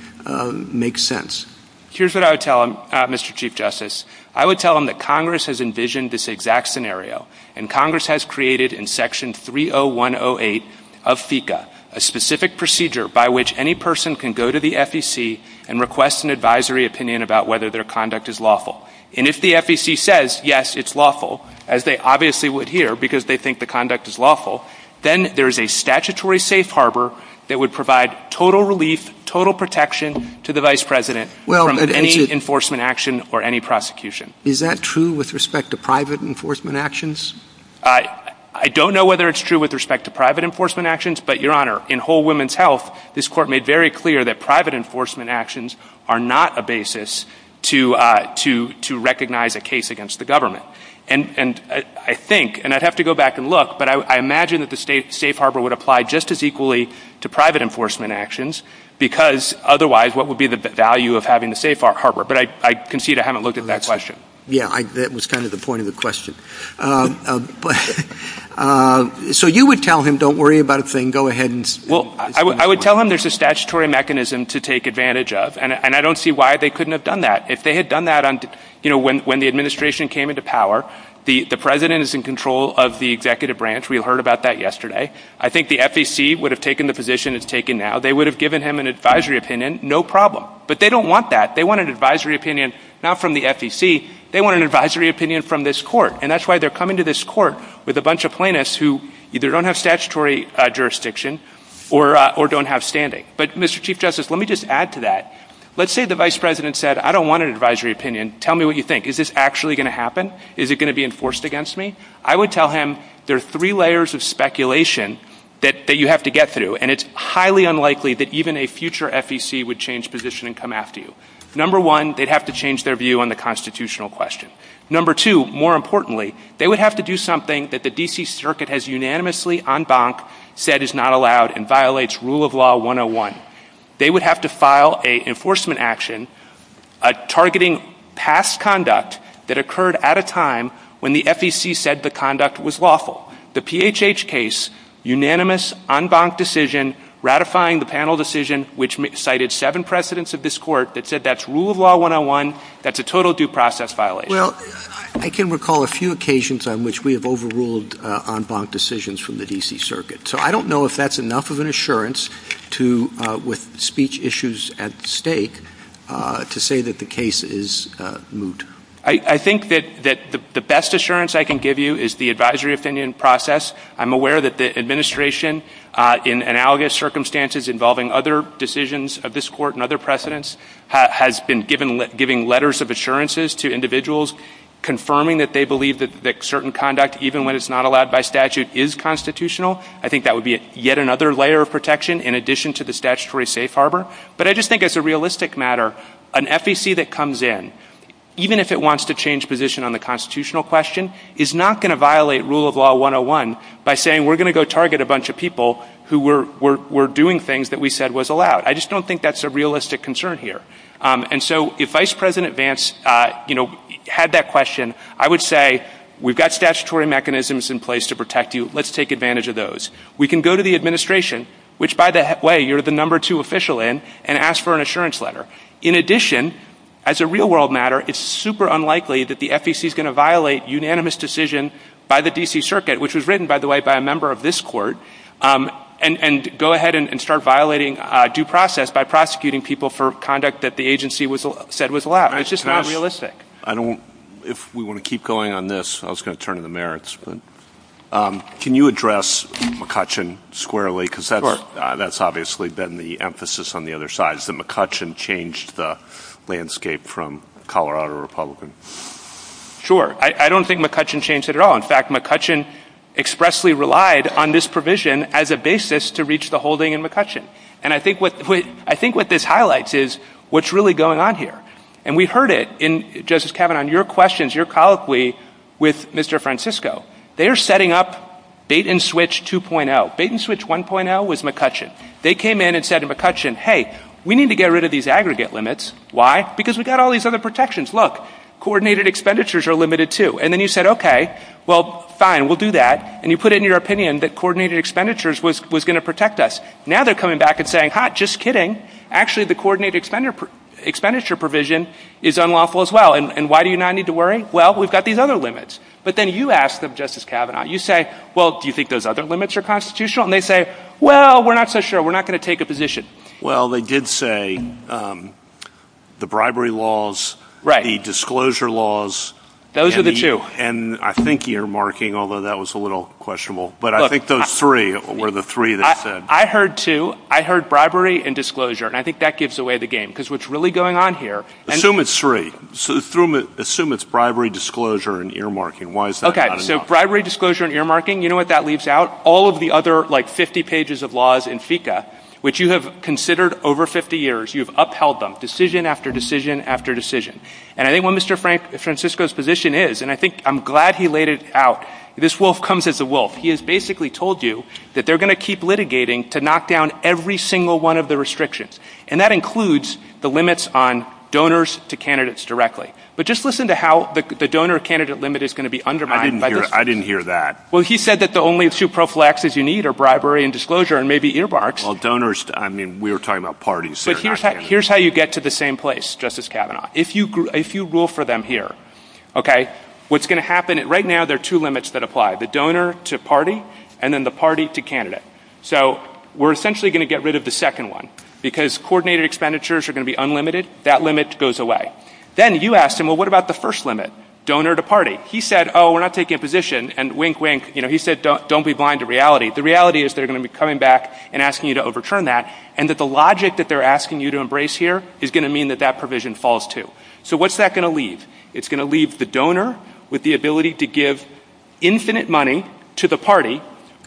makes sense. Here's what I would tell him, Mr. Chief Justice. I would tell him that Congress has envisioned this exact scenario, and Congress has created in Section 30108 of FECA, a specific procedure by which any person can go to the FEC and request an advisory opinion about whether their conduct is lawful. And if the FEC says, it's lawful, as they obviously would hear because they think the conduct is lawful, then there is a statutory safe harbor that would provide total relief, total protection to the Vice President from any enforcement action or any prosecution. Is that true with respect to private enforcement actions? I don't know whether it's true with respect to private enforcement actions, but Your Honor, in Whole Woman's Health, this court made very clear that private enforcement actions are not a basis to recognize a case against the government. And I think, and I'd have to go back and look, but I imagine that the safe harbor would apply just as equally to private enforcement actions because otherwise what would be the value of having the safe harbor? But I concede I haven't looked at that question. that was kind of the point of the question. So you would tell him, don't worry about a thing, go ahead. Well, I would tell him there's a statutory mechanism to take advantage of, and I don't see why they couldn't have done that. If they had done that on, you know, when the administration came into power, the President is in control of the executive branch. We heard about that yesterday. I think the FEC would have taken the position it's taken now. They would have given him an advisory opinion, no problem, but they don't want that. They want an advisory opinion, not from the FEC. They want an advisory opinion from this court. And that's why they're coming to this court with a bunch of plaintiffs who either don't have statutory jurisdiction or, or don't have standing. But Mr. Chief Justice, let me just add to that. Let's say the vice president said, I don't want an advisory opinion. Tell me what you think. Is this actually going to happen? Is it going to be enforced against me? I would tell him there are three layers of speculation that you have to get through. And it's highly unlikely that even a future FEC would change position and come after you. Number one, they'd have to change their view on the constitutional question. Number two, more importantly, they would have to do something that the DC circuit has unanimously en said is not allowed and violates rule of law 101. They would have to file a enforcement action, a targeting past conduct that occurred at a time when the FEC said the conduct was lawful. The PHH case, unanimous en banc decision, ratifying the panel decision, which cited seven precedents of this court that said that's rule of law. One-on-one that's a total due process. Well, I can recall a few occasions on which we have overruled en banc decisions from the DC circuit. So I don't know if that's enough of an assurance to with speech issues at stake to say that the case is moot. I think that the best assurance I can give you is the advisory opinion process. I'm aware that the administration in analogous circumstances involving other decisions of this court and other precedents has been given, giving letters of assurances to individuals confirming that they believe that certain conduct, even when it's not allowed by statute is constitutional. I think that would be yet another layer of protection in addition to the statutory safe harbor. But I just think as a realistic matter, an FEC that comes in, even if it wants to change position on the constitutional question is not going to violate rule of law one-on-one by saying, we're going to go target a bunch of people who were doing things that we said was allowed. I just don't think that's a realistic concern here. And so if vice president Vance had that question, I would say we've got statutory mechanisms in place to protect you. Let's take advantage of those. We can go to the administration, which by the way, you're the number two official in and ask for an assurance letter. In addition, as a real world matter, it's super unlikely that the FEC is going to violate unanimous decision by the DC circuit, which was written by the way, by a member of this court and, and go ahead and start violating due process by prosecuting people for conduct that the agency was said was allowed. It's just not realistic. I don't, if we want to keep going on this, I was going to turn to the merits, but can you address McCutcheon squarely? Cause that's, that's obviously been the emphasis on the other sides that McCutcheon changed the landscape from Colorado Republican. Sure. I don't think McCutcheon changed it at all. In fact, I think McCutcheon expressly relied on this provision as a basis to reach the holding in McCutcheon. And I think what, I think what this highlights is what's really going on here. And we've heard it in justice, Kevin, on your questions, your colloquy with Mr. Francisco, they are setting up bait and switch 2.0 bait and switch 1.0 was McCutcheon. They came in and said to McCutcheon, we need to get rid of these aggregate limits. Why? Because we've got all these other protections. Look, coordinated expenditures are limited too. And then you said, okay, fine, we'll do that. And you put it in your opinion that coordinated expenditures was, was going to protect us. Now they're coming back and saying, hot, just kidding. Actually, the coordinated expenditure expenditure provision is unlawful as well. And why do you not need to worry? Well, we've got these other limits, but then you ask them justice cabinet, you say, well, do you think those other limits are constitutional? And they say, well, we're not so sure we're not going to take a position. Well, they did say the bribery laws, right? The disclosure laws. Those are the two. And I think earmarking, although that was a little questionable, but I think those three were the three that said, I heard two, I heard bribery and disclosure. And I think that gives away the game because what's really going on here. And assume it's three. So assume it's bribery, disclosure, and earmarking. Why is that? Okay. So bribery, and earmarking, you know what that leaves out all of the other, like 50 pages of laws in FICA, which you have considered over 50 years, you've upheld them decision after decision after decision. And I think when Mr. Frank Francisco's position is, and I think I'm glad he laid it out. This wolf comes as a wolf. He has basically told you that they're going to keep litigating to knock down every single one of the restrictions. And that includes the limits on donors to candidates directly. But just listen to how the donor candidate limit is going to be undermined. I didn't hear that. Well, he said that the only two prophylaxes you need are bribery and disclosure and maybe earmarks. Well, donors. I mean, we were talking about parties. Here's how you get to the same place. Justice Kavanaugh, if you, if you rule for them here, OK, what's going to happen right now, there are two limits that apply the donor to party and then the party to candidate. So we're essentially going to get rid of the second one because coordinated expenditures are going to be unlimited. That limit goes away. Then you ask him, well, what about the first limit donor to party? He said, oh, we're not taking a position and wink wink. You know, he said, don't be blind to reality. The reality is they're going to be coming back and asking you to overturn that. And that the logic that they're asking you to embrace here is going to mean that that provision falls to. So what's that going to leave? It's going to leave the donor with the ability to give infinite money to the party,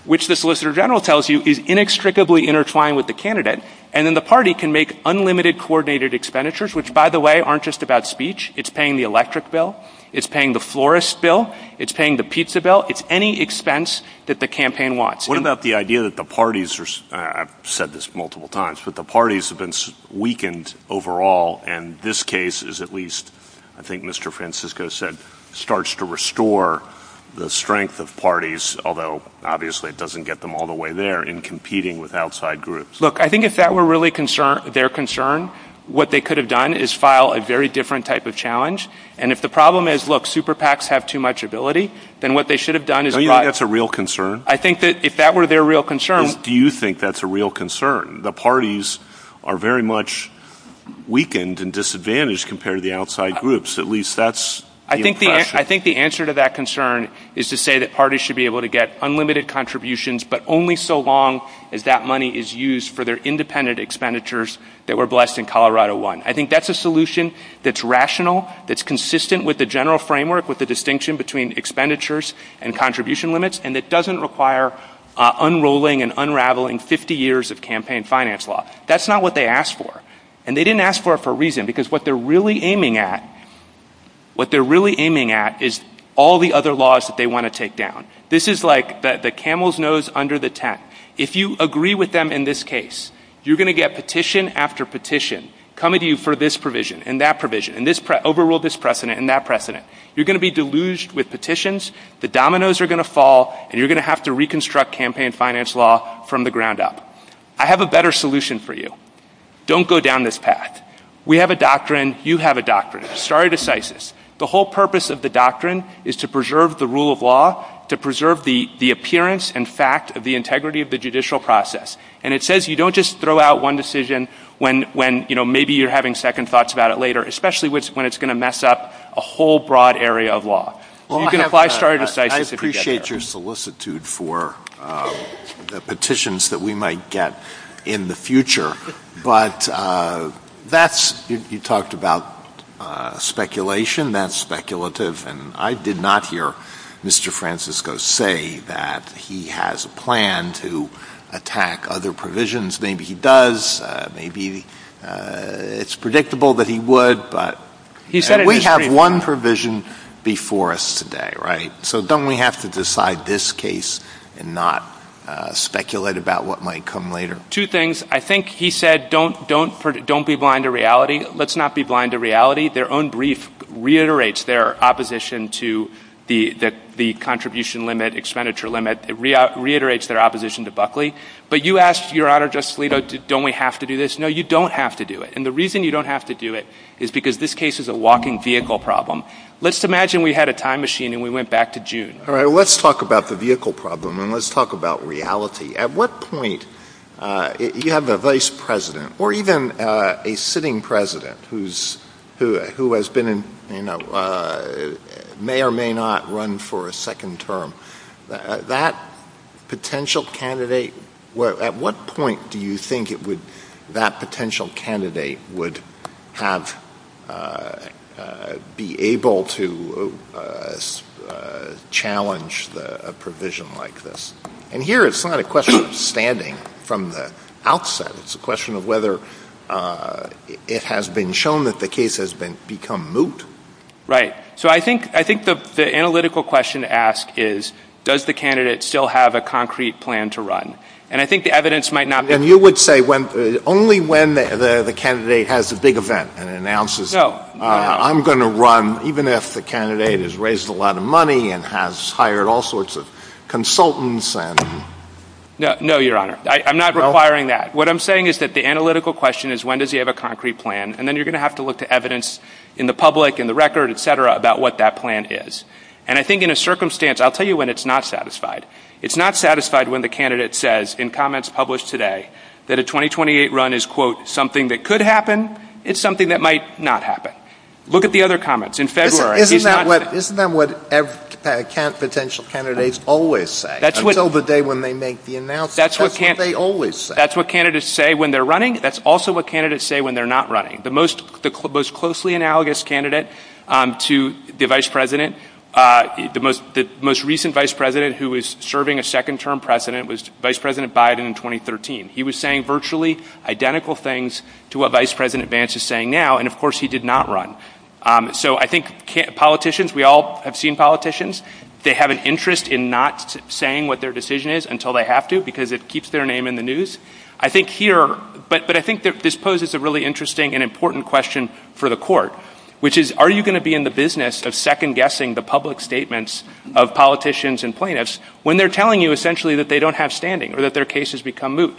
which the solicitor general tells you is inextricably intertwined with the candidate. And then the party can make unlimited coordinated expenditures, which, by the way, aren't just about speech. It's paying the electric bill. It's paying the florist bill. It's paying the pizza bill. It's any expense that the campaign wants. What about the idea that the parties are, I've said this multiple times, but the parties have been weakened overall. And this case is at least, I think Mr. Francisco said, starts to restore the strength of parties, although obviously it doesn't get them all the way there in competing with outside groups. Look, I think if that were really concerned, their concern, what they could have done is file a very different type of challenge. And if the problem is, super PACs have too much ability, then what they should have done is a real concern. I think that if that were their real concern, do you think that's a real concern? The parties are very much weakened. Weakened and disadvantaged compared to the outside groups. At least that's, I think, I think the answer to that concern is to say that parties should be able to get unlimited contributions, but only so long as that money is used for their independent expenditures that were blessed in Colorado one. I think that's a solution that's rational. That's consistent with the general framework, with the distinction between expenditures and contribution limits. And it doesn't require unrolling and unraveling 50 years of campaign finance law. That's not what they asked for. And they didn't ask for it for a reason, because what they're really aiming at, what they're really aiming at is all the other laws that they want to take down. This is like the camel's nose under the tent. If you agree with them in this case, you're going to get petition after petition coming to you for this provision and that provision, and this, overrule this precedent and that precedent. You're going to be deluged with petitions, the dominoes are going to fall, and you're going to have to reconstruct campaign finance law from the ground up. I have a better solution for you. Don't go down this path. We have a doctrine. You have a doctrine. Stare decisis. The whole purpose of the doctrine is to preserve the rule of law, to preserve the appearance and fact of the integrity of the judicial process. And it says you don't just throw out one decision when maybe you're having second thoughts about it later, especially when it's going to mess up a whole broad area of law. You can apply stare decisis if you get there. I appreciate your solicitude for petitions that we might get in the future, but you talked about speculation. That's speculative, and I did not hear Mr. Francisco say that he has a plan to attack other provisions. Maybe he does. Maybe it's predictable that he would, but we have one provision before us today, right? So don't we have to decide this case and not speculate about what might come later? Two things. I think he said don't be blind to reality. Let's not be blind to reality. Their own brief reiterates their opposition to the contribution limit, expenditure limit. It reiterates their opposition to Buckley. But you asked, Your Honor, Justice Alito, don't we have to do this? No, you don't have to do it, and the reason you don't have to do it is because this case is a walking vehicle problem. Let's imagine we had a time machine and we went back to June. All right, let's talk about the vehicle problem, and let's talk about reality. At what point, you have the vice president, or even a sitting president, who may or may not run for a second term. At what point do you think that potential candidate would be able to challenge a provision like this? And here it's not a question of standing from the outset. It's a question of whether it has been shown that the case has become moot. Right. So I think the analytical question asked is, does the candidate still have a concrete plan to run? And I think the evidence might not be— And you would say only when the candidate has a big event and announces, I'm going to run even if the candidate has raised a lot of money and has hired all sorts of consultants and— No, Your Honor. I'm not requiring that. What I'm saying is that the analytical question is when does he have a concrete plan, and then you're going to have to look to evidence in the public, in the record, et cetera, about what that plan is. And I think in a circumstance, I'll tell you when it's not satisfied. It's not satisfied when the candidate says in comments published today that a 2028 run is, quote, something that could happen, it's something that might not happen. Look at the other comments. Isn't that what potential candidates always say? Until the day when they make the announcement, that's what they always say. That's what candidates say when they're running. That's also what candidates say when they're not running. The most closely analogous candidate to the vice president, the most recent vice president who was serving a second-term president was Vice President Biden in 2013. He was saying virtually identical things to what Vice President Vance is saying now, and, of course, he did not run. So I think politicians, we all have seen politicians, they have an interest in not saying what their decision is until they have to because it keeps their name in the news. I think here, but I think this poses a really interesting and important question for the court, which is are you going to be in the business of second-guessing the public statements of politicians and plaintiffs when they're telling you essentially that they don't have standing or that their case has become moot?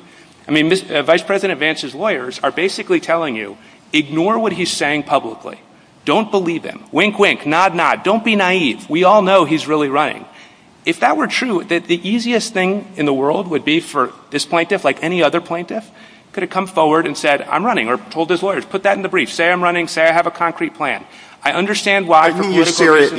I mean, Vice President Vance's lawyers are basically telling you, ignore what he's saying publicly. Don't believe him. Wink, wink. Nod, nod. Don't be naive. We all know he's really running. If that were true, that the easiest thing in the world would be for this plaintiff, like any other plaintiff, could have come forward and said, I'm running, or told his lawyers, put that in the brief. Say I'm running. Say I have a concrete plan. I understand why. You're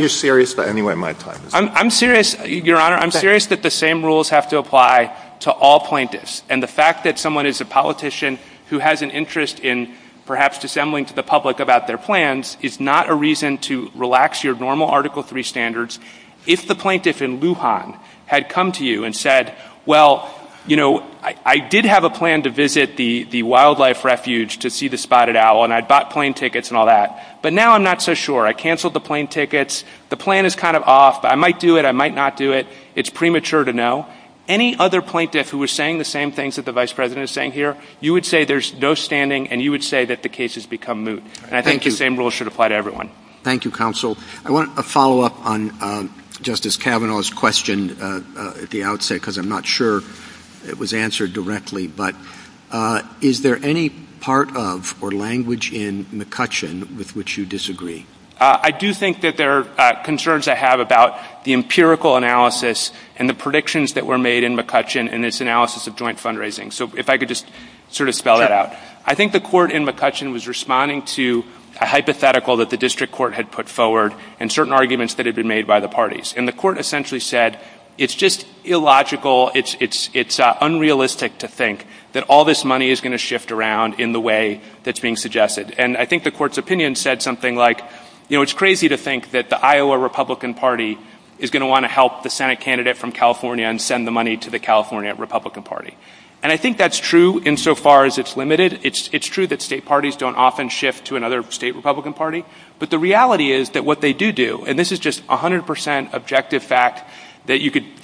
serious about any way my plan is. I'm serious, Your Honor. I'm serious that the same rules have to apply to all plaintiffs, and the fact that someone is a politician who has an interest in perhaps dissembling to the public about their plans is not a reason to relax your normal Article III standards. If the plaintiff in Lujan had come to you and said, well, you know, I did have a plan to visit the wildlife refuge to see the spotted owl, and I bought plane tickets and all that, but now I'm not so sure. I canceled the plane tickets. The plan is kind of off. I might do it. I might not do it. It's premature to know. Any other plaintiff who was saying the same things that the Vice President is saying here, you would say there's no standing, and you would say that the case has become moot. And I think the same rules should apply to everyone. Thank you, Counsel. I want a follow-up on Justice Kavanaugh's question at the outset, because I'm not sure it was answered directly. But is there any part of or language in McCutcheon with which you disagree? I do think that there are concerns I have about the empirical analysis and the predictions that were made in McCutcheon and its analysis of joint fundraising. So if I could just sort of spell that out. I think the court in McCutcheon was responding to a hypothetical that the district court had put forward and certain arguments that had been made by the parties. And the court essentially said it's just illogical, it's unrealistic to think that all this money is going to shift around in the way that's being suggested. And I think the court's opinion said something like, you know, it's crazy to think that the Iowa Republican Party is going to want to help the Senate candidate from California and send the money to the California Republican Party. And I think that's true insofar as it's limited. It's true that state parties don't often shift to another state Republican Party. But the reality is that what they do do, and this is just 100 percent objective fact that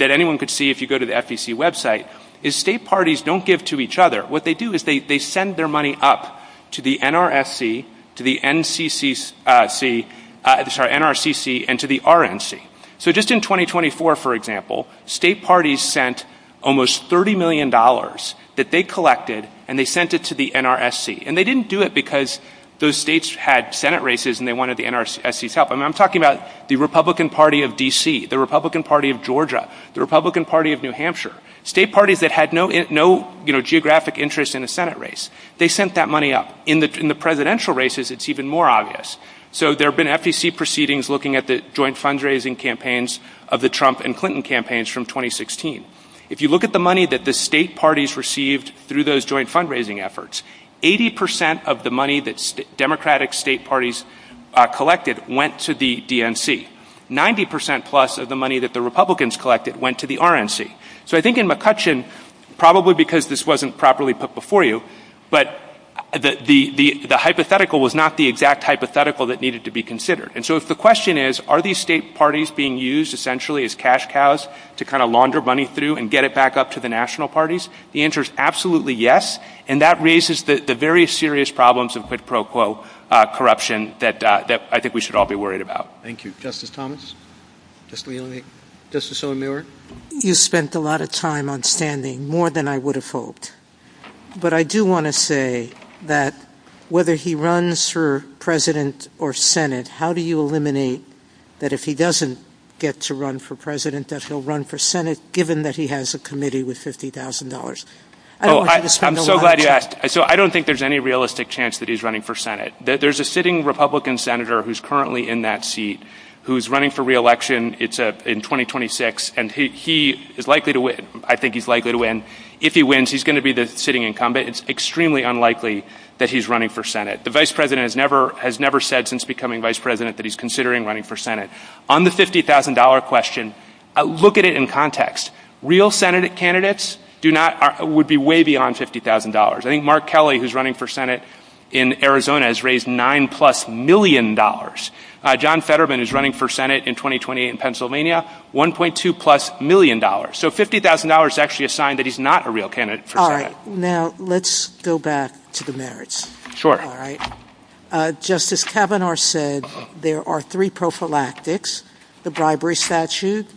anyone could see if you go to the FEC website, is state parties don't give to each other. What they do is they send their money up to the NRCC and to the RNC. So just in 2024, for example, state parties sent almost $30 million that they collected and they sent it to the NRSC. And they didn't do it because those states had Senate races and they wanted the NRSC's help. I'm talking about the Republican Party of D.C., the Republican Party of Georgia, the Republican Party of New Hampshire, state parties that had no geographic interest in the Senate race. They sent that money up. In the presidential races, it's even more obvious. So there have been FEC proceedings looking at the joint fundraising campaigns of the Trump and Clinton campaigns from 2016. If you look at the money that the state parties received through those joint fundraising efforts, 80 percent of the money that Democratic state parties collected went to the DNC. Ninety percent plus of the money that the Republicans collected went to the RNC. So I think in McCutcheon, probably because this wasn't properly put before you, but the hypothetical was not the exact hypothetical that needed to be considered. And so the question is, are these state parties being used essentially as cash cows to kind of launder money through and get it back up to the national parties? The answer is absolutely yes. And that raises the very serious problems of pro quo corruption that I think we should all be worried about. Thank you. Justice Thomas? Justice O'Meara? You spent a lot of time on standing, more than I would have hoped. But I do want to say that whether he runs for president or Senate, how do you eliminate that if he doesn't get to run for president, that he'll run for Senate given that he has a committee with $50,000? I'm so glad you asked. So I don't think there's any realistic chance that he's running for Senate. There's a sitting Republican senator who's currently in that seat who's running for re-election. It's in 2026, and he is likely to win. I think he's likely to win. If he wins, he's going to be the sitting incumbent. It's extremely unlikely that he's running for Senate. The vice president has never said since becoming vice president that he's considering running for Senate. On the $50,000 question, look at it in context. Real Senate candidates would be way beyond $50,000. I think Mark Kelly, who's running for Senate in Arizona, has raised nine-plus million dollars. John Fetterman, who's running for Senate in 2028 in Pennsylvania, $1.2-plus million dollars. So $50,000 is actually a sign that he's not a real candidate for Senate. All right. Now let's go back to the merits. Sure. All right. Justice Kavanaugh said there are three prophylactics, the bribery statute,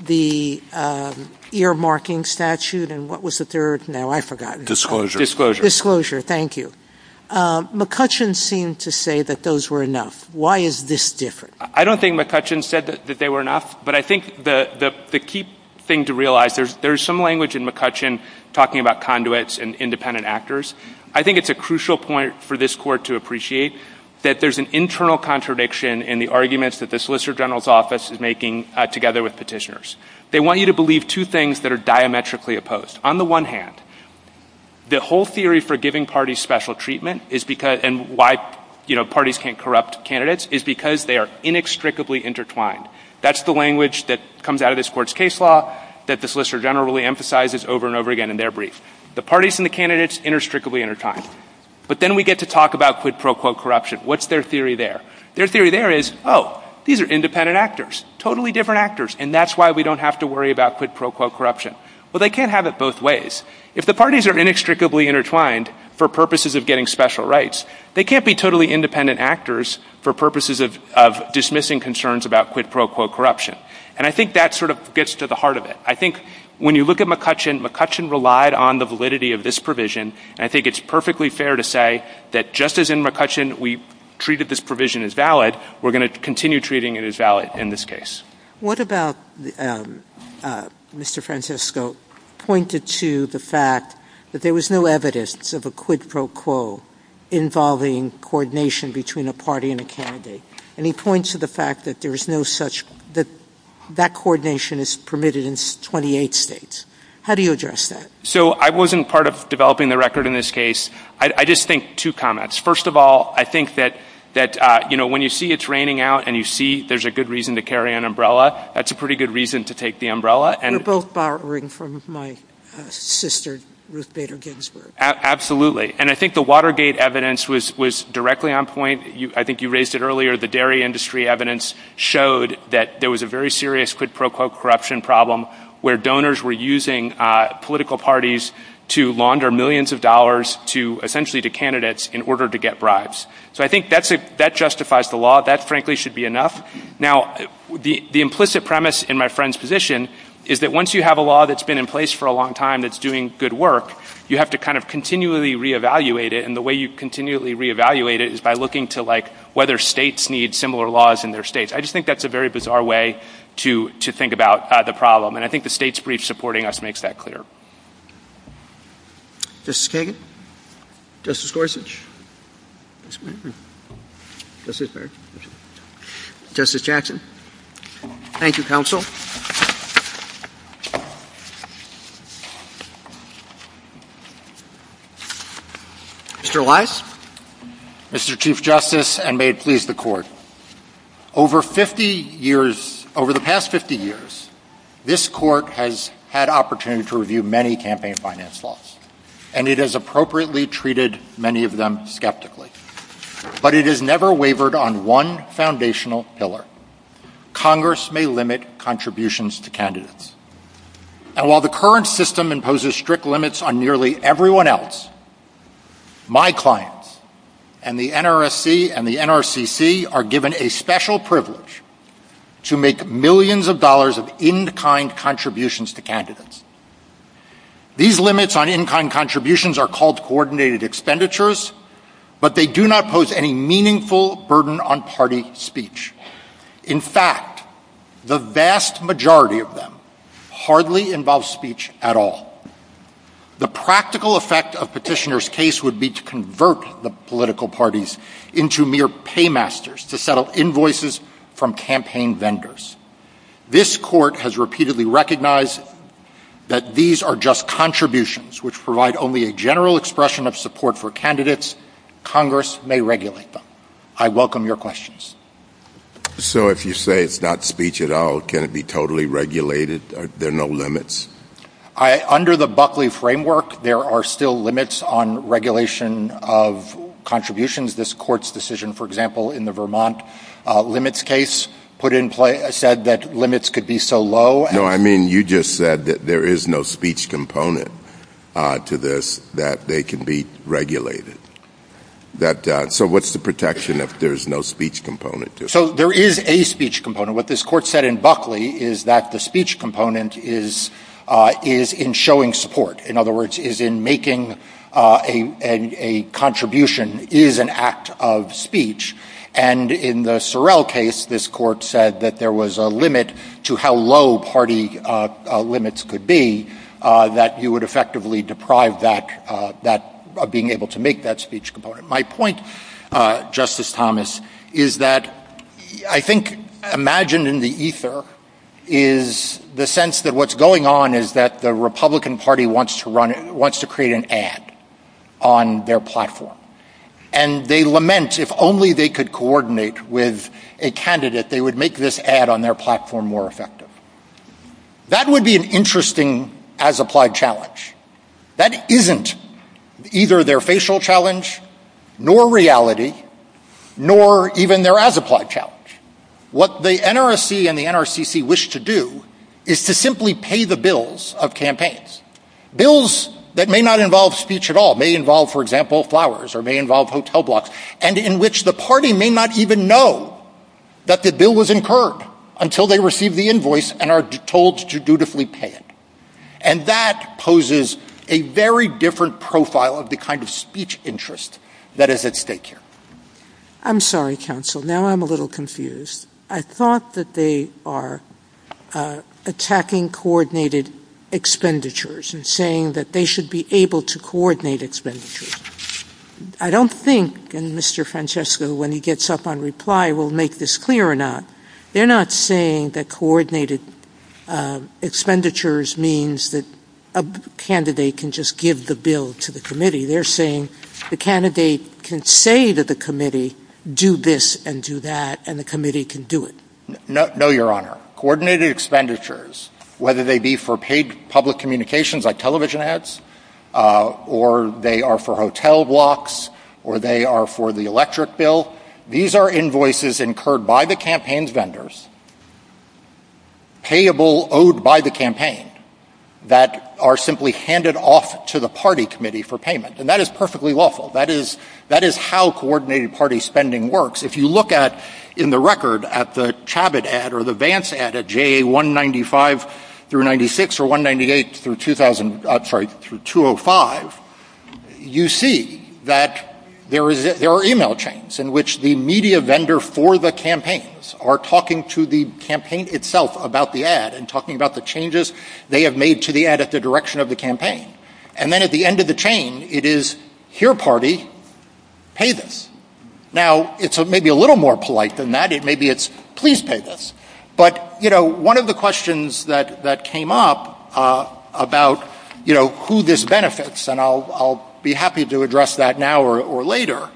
the ear-marking statute, and what was the third? Now I've forgotten. Disclosure. Thank you. McCutcheon seemed to say that those were enough. Why is this different? I don't think McCutcheon said that they were enough, but I think the key thing to realize, there's some language in McCutcheon talking about conduits and independent actors. I think it's a crucial point for this Court to appreciate that there's an internal contradiction in the arguments that the Solicitor General's Office is making together with petitioners. They want you to believe two things that are diametrically opposed. On the one hand, the whole theory for giving parties special treatment and why parties can't corrupt candidates is because they are inextricably intertwined. That's the language that comes out of this Court's case law that the Solicitor General really emphasizes over and over again in their brief. The parties and the candidates are inextricably intertwined. But then we get to talk about quid pro quo corruption. What's their theory there? Their theory there is, oh, these are independent actors, totally different actors, and that's why we don't have to worry about quid pro quo corruption. Well, they can't have it both ways. If the parties are inextricably intertwined for purposes of getting special rights, they can't be totally independent actors for purposes of dismissing concerns about quid pro quo corruption. And I think that sort of gets to the heart of it. I think when you look at McCutcheon, McCutcheon relied on the validity of this provision, and I think it's perfectly fair to say that just as in McCutcheon we treated this provision as valid, we're going to continue treating it as valid in this case. What about Mr. Francesco pointed to the fact that there was no evidence of a quid pro quo involving coordination between a party and a candidate, and he points to the fact that there is no such that that coordination is permitted in 28 states. How do you address that? So I wasn't part of developing the record in this case. I just think two comments. First of all, I think that when you see it's raining out and you see there's a good reason to carry an umbrella, that's a pretty good reason to take the umbrella. You're both borrowing from my sister, Ruth Bader Ginsburg. Absolutely. And I think the Watergate evidence was directly on point. I think you raised it earlier. The dairy industry evidence showed that there was a very serious quid pro quo corruption problem where donors were using political parties to launder millions of dollars essentially to candidates in order to get bribes. So I think that justifies the law. That, frankly, should be enough. Now, the implicit premise in my friend's position is that once you have a law that's been in place for a long time that's doing good work, you have to kind of continually reevaluate it, and the way you continually reevaluate it is by looking to whether states need similar laws in their states. I just think that's a very bizarre way to think about the problem, and I think the state's brief supporting us makes that clear. Justice Kagan? Justice Gorsuch? Justice Jackson? Thank you, counsel. Mr. Wise? Mr. Chief Justice, and may it please the Court. Over the past 50 years, this Court has had opportunity to review many campaign finance laws, and it has appropriately treated many of them skeptically. But it has never wavered on one foundational pillar. Congress may limit contributions to candidates. And while the current system imposes strict limits on nearly everyone else, my clients and the NRSC and the NRCC are given a special privilege to make millions of dollars of in-kind contributions to candidates. These limits on in-kind contributions are called coordinated expenditures, but they do not pose any meaningful burden on party speech. In fact, the vast majority of them hardly involve speech at all. The practical effect of Petitioner's case would be to convert the political parties into mere paymasters to settle invoices from campaign vendors. This Court has repeatedly recognized that these are just contributions which provide only a general expression of support for candidates. Congress may regulate them. I welcome your questions. So if you say it's not speech at all, can it be totally regulated? There are no limits? Under the Buckley framework, there are still limits on regulation of contributions. This Court's decision, for example, in the Vermont limits case, said that limits could be so low. No, I mean you just said that there is no speech component to this that they can be regulated. So what's the protection if there is no speech component? So there is a speech component. What this Court said in Buckley is that the speech component is in showing support. In other words, is in making a contribution is an act of speech. And in the Sorrell case, this Court said that there was a limit to how low party limits could be that you would effectively deprive that of being able to make that speech component. My point, Justice Thomas, is that I think imagined in the ether is the sense that what's going on is that the Republican Party wants to create an ad on their platform. And they lament if only they could coordinate with a candidate, they would make this ad on their platform more effective. That would be an interesting as-applied challenge. That isn't either their facial challenge, nor reality, nor even their as-applied challenge. What the NRC and the NRCC wish to do is to simply pay the bills of campaigns. Bills that may not involve speech at all, may involve, for example, flowers, or may involve hotel blocks, and in which the party may not even know that the bill was incurred until they receive the invoice and are told to dutifully pay it. And that poses a very different profile of the kind of speech interest that is at stake here. I'm sorry, counsel. Now I'm a little confused. I thought that they are attacking coordinated expenditures and saying that they should be able to coordinate expenditures. I don't think, and Mr. Francesco, when he gets up on reply, will make this clear or not, they're not saying that coordinated expenditures means that a candidate can just give the bill to the committee. They're saying the candidate can say to the committee, do this and do that, and the committee can do it. No, your honor. Coordinated expenditures, whether they be for paid public communications like television ads, or they are for hotel blocks, or they are for the electric bill, these are invoices incurred by the campaign's vendors, payable owed by the campaign, that are simply handed off to the party committee for payment. And that is perfectly lawful. That is how coordinated party spending works. If you look at, in the record, at the Chabot ad or the Vance ad at JA 195 through 96, or 198 through 2005, you see that there are email chains in which the media vendor for the campaigns are talking to the campaign itself about the ad and talking about the changes they have made to the ad at the direction of the campaign. And then at the end of the chain, it is, here party, pay this. Now, it's maybe a little more polite than that. It may be, please pay this. But, you know, one of the questions that came up about, you know, who this benefits, and I'll be happy to address that now or later,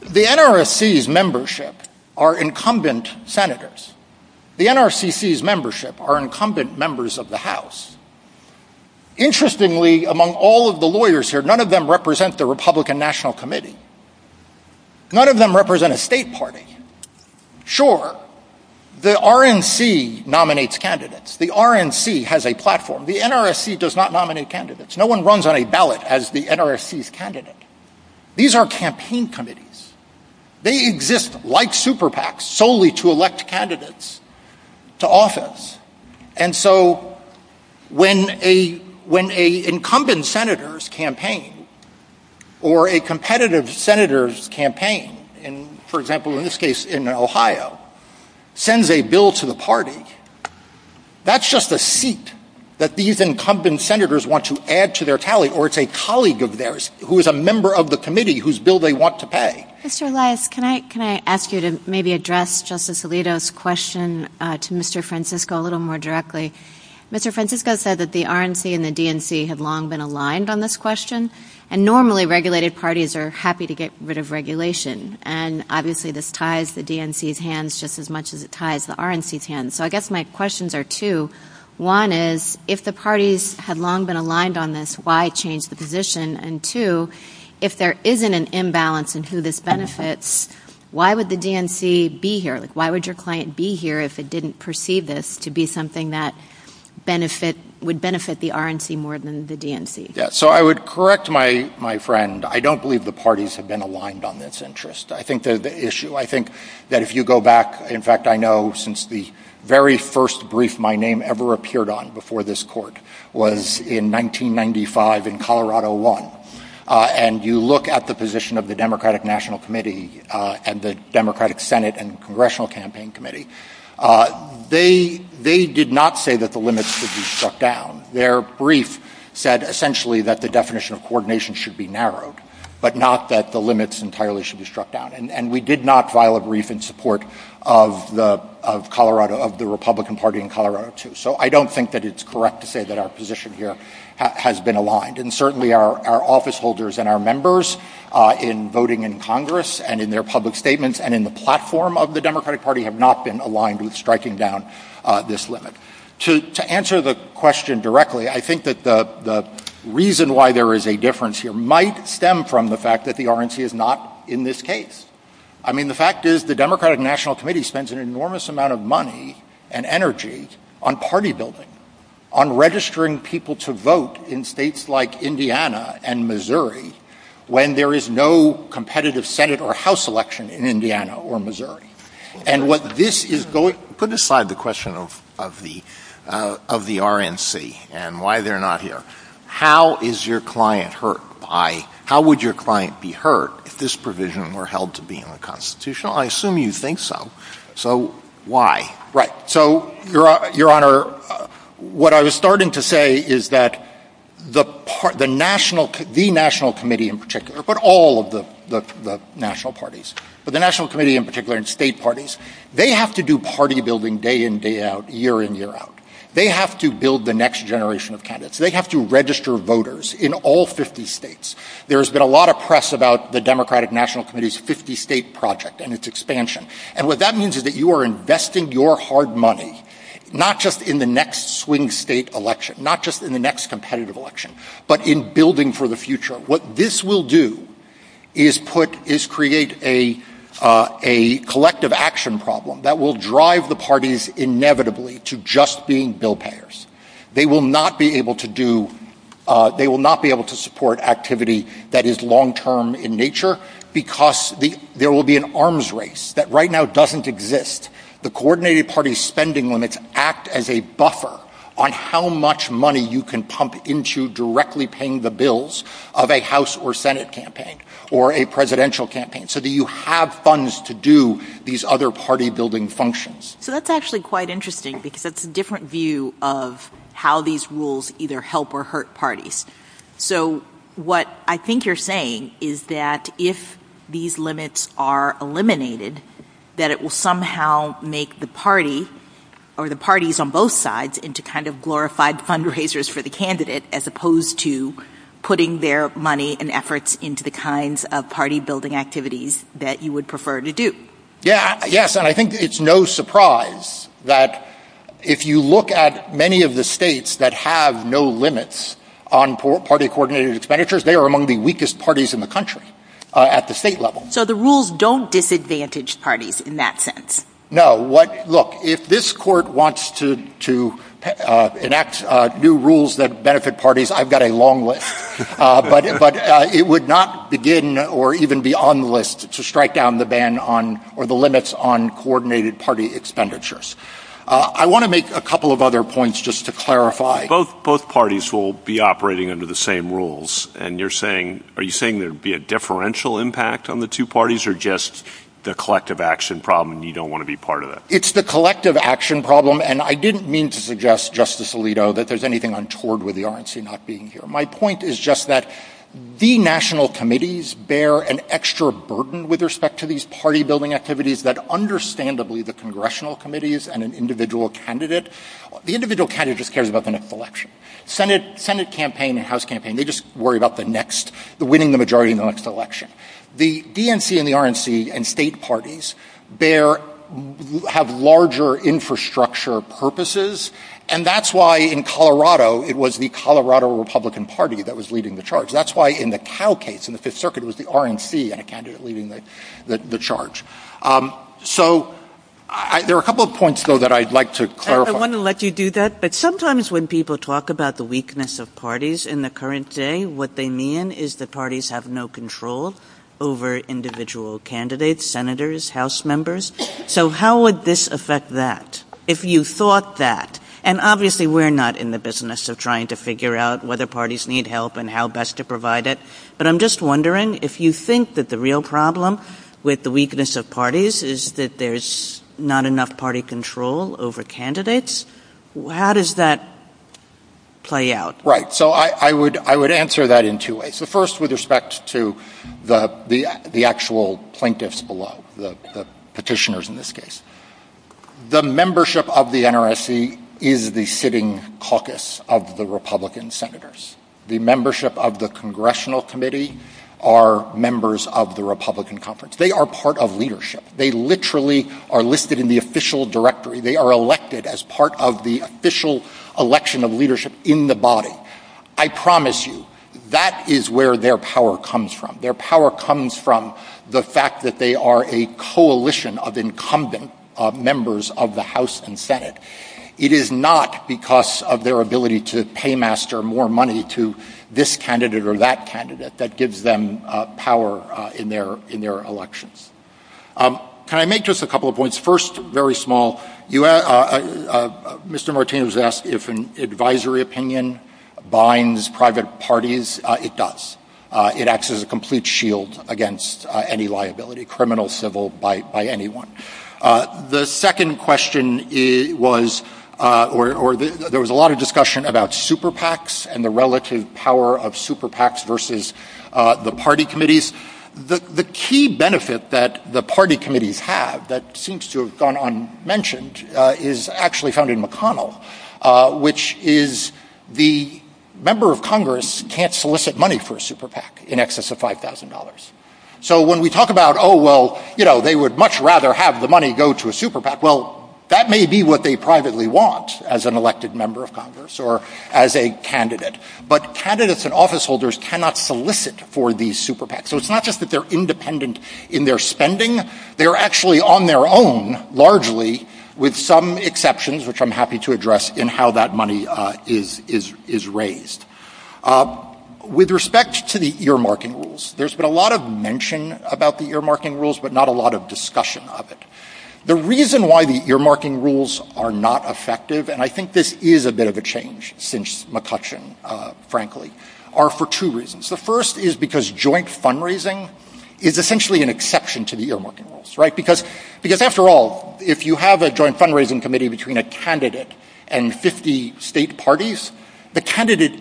the NRCC's membership are incumbent senators. The NRCC's membership are incumbent members of the House. Interestingly, among all of the lawyers here, none of them represent the Republican National Committee. None of them represent a state party. Sure, the RNC nominates candidates. The RNC has a platform. The NRCC does not nominate candidates. No one runs on a ballot as the NRCC's candidate. These are campaign committees. They exist like super PACs, solely to elect candidates to office. And so when an incumbent senator's campaign or a competitive senator's campaign, for example in this case in Ohio, sends a bill to the party, that's just a seat that these incumbent senators want to add to their tally, or it's a colleague of theirs who is a member of the committee whose bill they want to pay. Mr. Elias, can I ask you to maybe address Justice Alito's question to Mr. Francisco a little more directly? Mr. Francisco said that the RNC and the DNC have long been aligned on this question, and normally regulated parties are happy to get rid of regulation, and obviously this ties the DNC's hands just as much as it ties the RNC's hands. So I guess my questions are two. One is, if the parties have long been aligned on this, why change the position? And two, if there isn't an imbalance in who this benefits, why would the DNC be here? Why would your client be here if it didn't perceive this to be something that would benefit the RNC more than the DNC? So I would correct my friend. I don't believe the parties have been aligned on this interest. I think that if you go back, in fact I know since the very first brief my name ever appeared on before this court was in 1995 in Colorado I, and you look at the position of the Democratic National Committee and the Democratic Senate and Congressional Campaign Committee, they did not say that the limits should be struck down. Their brief said essentially that the definition of coordination should be narrowed, but not that the limits entirely should be struck down. And we did not file a brief in support of the Republican Party in Colorado II. So I don't think that it's correct to say that our position here has been aligned. And certainly our office holders and our members in voting in Congress and in their public statements and in the platform of the Democratic Party have not been aligned with striking down this limit. To answer the question directly, I think that the reason why there is a difference here might stem from the fact that the RNC is not in this case. I mean the fact is the Democratic National Committee spends an enormous amount of money and energy on party building, on registering people to vote in states like Indiana and Missouri when there is no competitive Senate or House election in Indiana or Missouri. And what this is going... put aside the question of the RNC and why they're not here. How is your client hurt by... how would your client be hurt if this provision were held to be unconstitutional? I assume you think so. So why? Right. So, Your Honor, what I was starting to say is that the National Committee in particular, but all of the national parties, but the National Committee in particular and state parties, they have to do party building day in, day out, year in, year out. They have to build the next generation of candidates. They have to register voters in all 50 states. There has been a lot of press about the Democratic National Committee's 50 state project and its expansion. And what that means is that you are investing your hard money, not just in the next swing state election, not just in the next competitive election, but in building for the future. What this will do is create a collective action problem that will drive the parties inevitably to just being bill payers. They will not be able to do... they will not be able to support activity that is long term in nature because there will be an arms race that right now doesn't exist. The coordinated party spending limits act as a buffer on how much money you can pump into directly paying the bills of a House or Senate campaign or a presidential campaign so that you have funds to do these other party building functions. So that's actually quite interesting because it's a different view of how these rules either help or hurt parties. So what I think you're saying is that if these limits are eliminated, that it will somehow make the parties on both sides into kind of glorified fundraisers for the candidate as opposed to putting their money and efforts into the kinds of party building activities that you would prefer to do. Yes, and I think it's no surprise that if you look at many of the states that have no limits on party coordinated expenditures, they are among the weakest parties in the country at the state level. So the rules don't disadvantage parties in that sense? No. Look, if this court wants to enact new rules that benefit parties, I've got a long list. But it would not begin or even be on the list to strike down the limits on coordinated party expenditures. I want to make a couple of other points just to clarify. Both parties will be operating under the same rules and you're saying, are you saying there will be a differential impact on the two parties or just the collective action problem and you don't want to be part of that? It's the collective action problem and I didn't mean to suggest, Justice Alito, that there's anything untoward with the RNC not being here. My point is just that the national committees bear an extra burden with respect to these party building activities that understandably the congressional committees and an individual candidate, the individual candidate just cares about the next election. Senate campaign and House campaign, they just worry about the next, winning the majority in the next election. The DNC and the RNC and state parties bear, have larger infrastructure purposes and that's why in Colorado, it was the Colorado Republican Party that was leading the charge. That's why in the Cal case, in the Fifth Circuit, it was the RNC and a candidate leading the charge. So, there are a couple of points though that I'd like to clarify. I want to let you do that, but sometimes when people talk about the weakness of parties in the current day, what they mean is the parties have no control over individual candidates, senators, House members. So, how would this affect that? If you thought that, and obviously we're not in the business of trying to figure out whether parties need help and how best to provide it, but I'm just wondering if you think that the real problem with the weakness of parties is that there's not enough party control over candidates, how does that play out? Right. So, I would answer that in two ways. The first with respect to the actual plaintiffs below, the petitioners in this case. The membership of the NRSC is the sitting caucus of the Republican senators. The membership of the Congressional Committee are members of the Republican Conference. They are part of leadership. They literally are listed in the official directory. They are elected as part of the official election of leadership in the body. I promise you, that is where their power comes from. Their power comes from the fact that they are a coalition of incumbent members of the House and Senate. It is not because of their ability to pay master more money to this candidate or that candidate that gives them power in their elections. Can I make just a couple of points? First, very small, Mr. Martinez asked if an advisory opinion binds private parties, it does. It acts as a complete shield against any liability, criminal, civil, by anyone. The second question was, there was a lot of discussion about super PACs and the relative power of super PACs versus the party committees. The key benefit that the party committee have that seems to have gone unmentioned is actually founding McConnell, which is the member of Congress can't solicit money for a super PAC in excess of $5,000. When we talk about, they would much rather have the money go to a super PAC, that may be what they privately want as an elected member of Congress or as a candidate. But candidates and office holders cannot solicit for these super PACs. It is not just that they are independent in their spending, they are actually on their own, largely, with some exceptions, which I'm happy to address in how that money is raised. With respect to the earmarking rules, there's been a lot of mention about the earmarking rules, but not a lot of discussion of it. The reason why the earmarking rules are not effective, and I think this is a bit of a change since McCutcheon, frankly, are for two reasons. The first is because joint fundraising is essentially an exception to the earmarking rules. Because, after all, if you have a joint fundraising committee between a candidate and 50 state parties, the candidate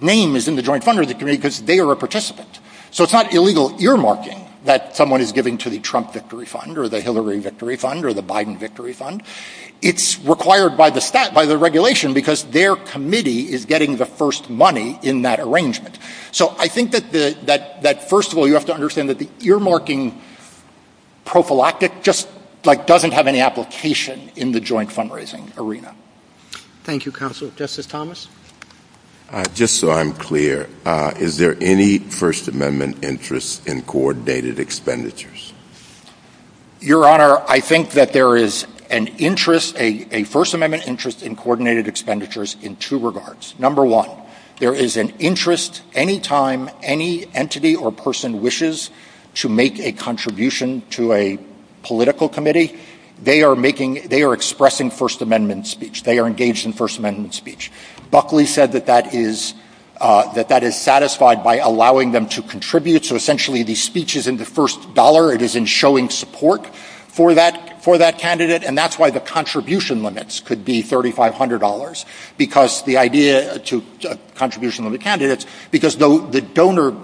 name is in the joint fundraising committee because they are a participant. So it's not illegal earmarking that someone is given to the Trump victory fund or the Hillary victory fund or the Biden victory fund. It's required by the regulation because their committee is getting the first money in that arrangement. So I think that, first of all, you have to understand that the earmarking prophylactic just doesn't have any application in the joint fundraising arena. Thank you, Counselor. Justice Thomas? Just so I'm clear, is there any First Amendment interest in coordinated expenditures? Your Honor, I think that there is an interest, a First Amendment interest, in coordinated expenditures in two regards. Number one, there is an interest any time any entity or person wishes to make a contribution to a political committee, they are expressing First Amendment speech. They are engaged in First Amendment speech. Buckley said that that is satisfied by allowing them to contribute. So, essentially, the speech is in the first dollar. It is in showing support for that candidate. And that's why the contribution limits could be $3,500. Because the donor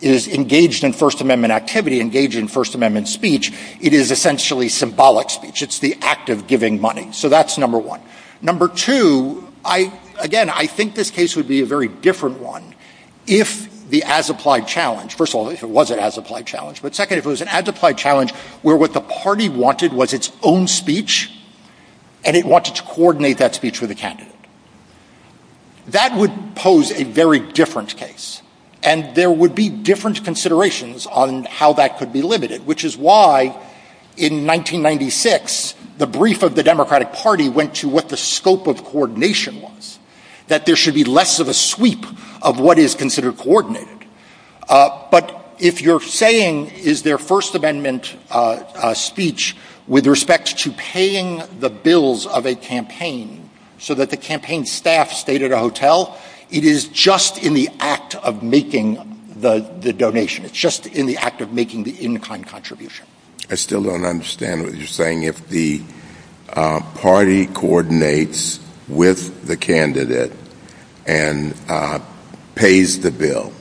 is engaged in First Amendment activity, engaged in First Amendment speech, it is essentially symbolic speech. It's the act of giving money. So that's number one. Number two, again, I think this case would be a very different one if the as-applied challenge, first of all, if it was an as-applied challenge, but second, if it was an as-applied challenge where what the party wanted was its own speech and it wanted to coordinate that speech for the candidate. That would pose a very different case. And there would be different considerations on how that could be limited, which is why, in 1996, the brief of the Democratic Party went to what the scope of coordination was, that there should be less of a sweep of what is considered coordinated. But if you're saying is there First Amendment speech with respect to paying the bills of a campaign so that the campaign staff stayed at a hotel, it is just in the act of making the donation. It's just in the act of making the in-kind contribution. I still don't understand what you're saying. If the party coordinates with the candidate and pays the bill,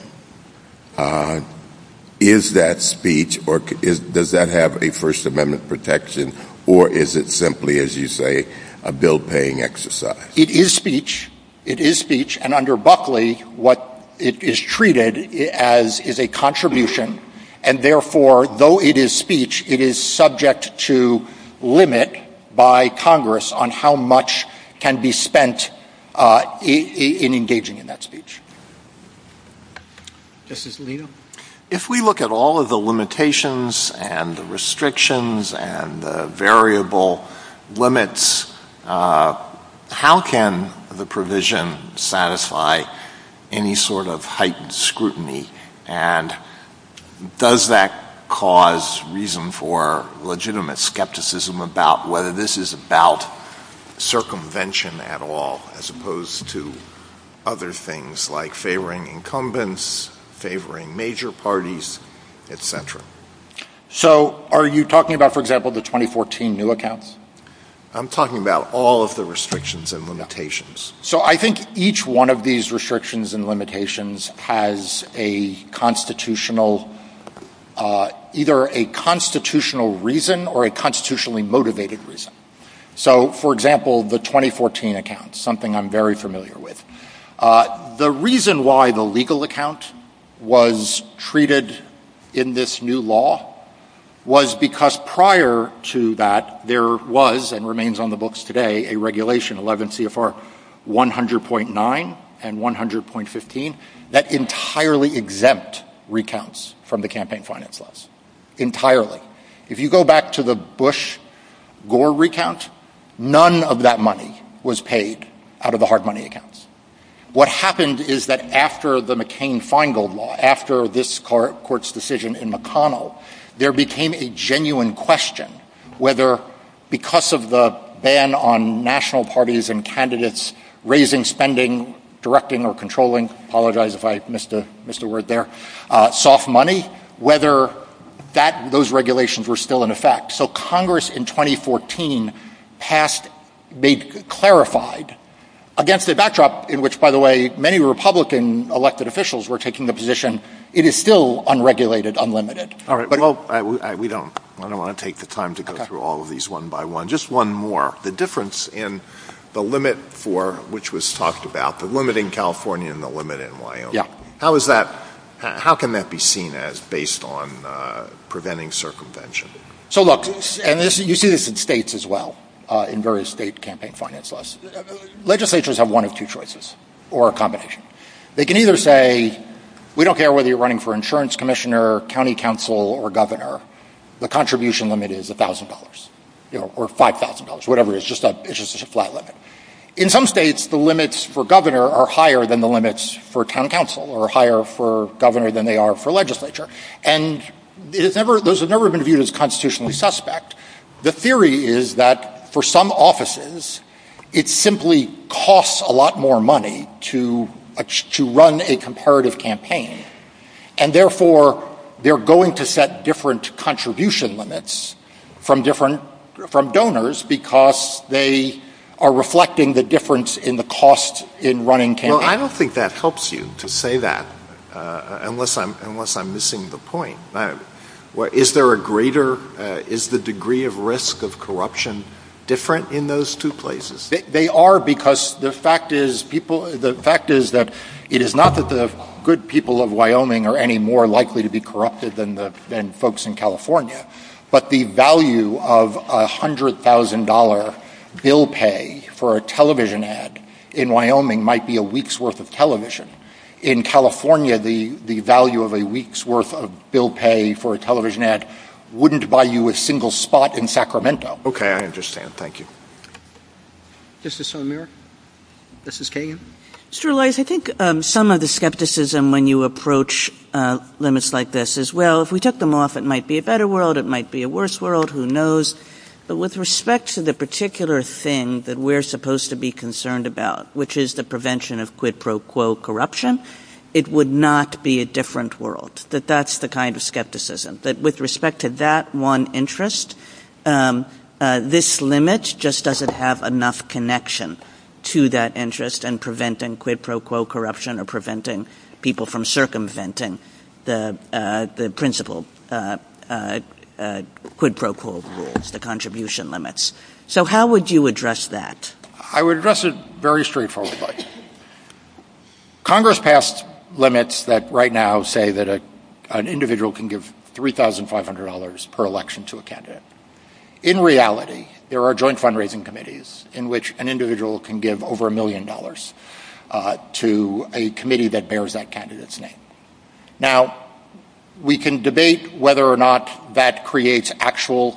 is that speech or does that have a First Amendment protection or is it simply, as you say, a bill-paying exercise? It is speech. It is speech. And under Buckley, what is treated as is a contribution, and therefore, though it is speech, it is subject to limit by Congress on how much can be spent in engaging in that speech. Justice Alito? If we look at all of the limitations and the restrictions and the variable limits, how can the provision satisfy any sort of heightened scrutiny? And does that cause reason for legitimate skepticism about whether this is about circumvention at all as opposed to other things like favoring incumbents, favoring major parties, etc.? So are you talking about, for example, the 2014 new accounts? I'm talking about all of the restrictions and limitations. So I think each one of these restrictions and limitations has a constitutional, either a constitutional reason or a constitutionally motivated reason. So, for example, the 2014 accounts, something I'm very familiar with. The reason why the legal account was treated in this new law was because prior to that, there was, and remains on the books today, a regulation, 11 CFR 100.9 and 100.15, that entirely exempt recounts from the campaign finance laws. Entirely. If you go back to the Bush-Gore recount, none of that money was paid out of the hard money accounts. What happened is that after the McCain-Feingold law, after this court's decision in McConnell, there became a genuine question whether, because of the ban on national parties and candidates raising spending, directing or controlling, apologize if I missed a word there, soft money, whether those regulations were still in effect. So Congress in 2014 passed, they clarified, against a backdrop in which, by the way, many Republican elected officials were taking the position, it is still unregulated, unlimited. We don't want to take the time to go through all of these one by one. Just one more. The difference in the limit for, which was talked about, the limit in California and the limit in Wyoming. How can that be seen as based on preventing circumvention? You see this in states as well, in various state campaign finance laws. Legislatures have one of two choices or a combination. They can either say, we don't care whether you're running for insurance commissioner, county council or governor, the contribution limit is $1,000 or $5,000, whatever it is, In some states, the limits for governor are higher than the limits for county council or higher for governor than they are for legislature. And those have never been viewed as constitutionally suspect. The theory is that for some offices, it simply costs a lot more money to run a comparative campaign. And therefore, they're going to set different contribution limits from donors because they are reflecting the difference in the cost in running campaigns. I don't think that helps you to say that, unless I'm missing the point. Is the degree of risk of corruption different in those two places? They are because the fact is that it is not that the good people of Wyoming are any more likely to be corrupted than folks in California, but the value of $100,000 bill pay for a television ad in Wyoming might be a week's worth of television. In California, the value of a week's worth of bill pay for a television ad wouldn't buy you a single spot in Sacramento. Okay, I understand. Thank you. Is this on there? This is Kagan. Mr. Elias, I think some of the skepticism when you approach limits like this is, well, if we took them off, it might be a better world, it might be a worse world, who knows. But with respect to the particular thing that we're supposed to be concerned about, which is the prevention of quid pro quo corruption, it would not be a different world. That's the kind of skepticism. But with respect to that one interest, this limit just doesn't have enough connection to that interest in preventing quid pro quo corruption or preventing people from circumventing the principle quid pro quo, the contribution limits. So how would you address that? I would address it very straightforwardly. Congress passed limits that right now say that an individual can give $3,500 per election to a candidate. In reality, there are joint fundraising committees in which an individual can give over a million dollars to a committee that bears that candidate's name. Now, we can debate whether or not that creates actual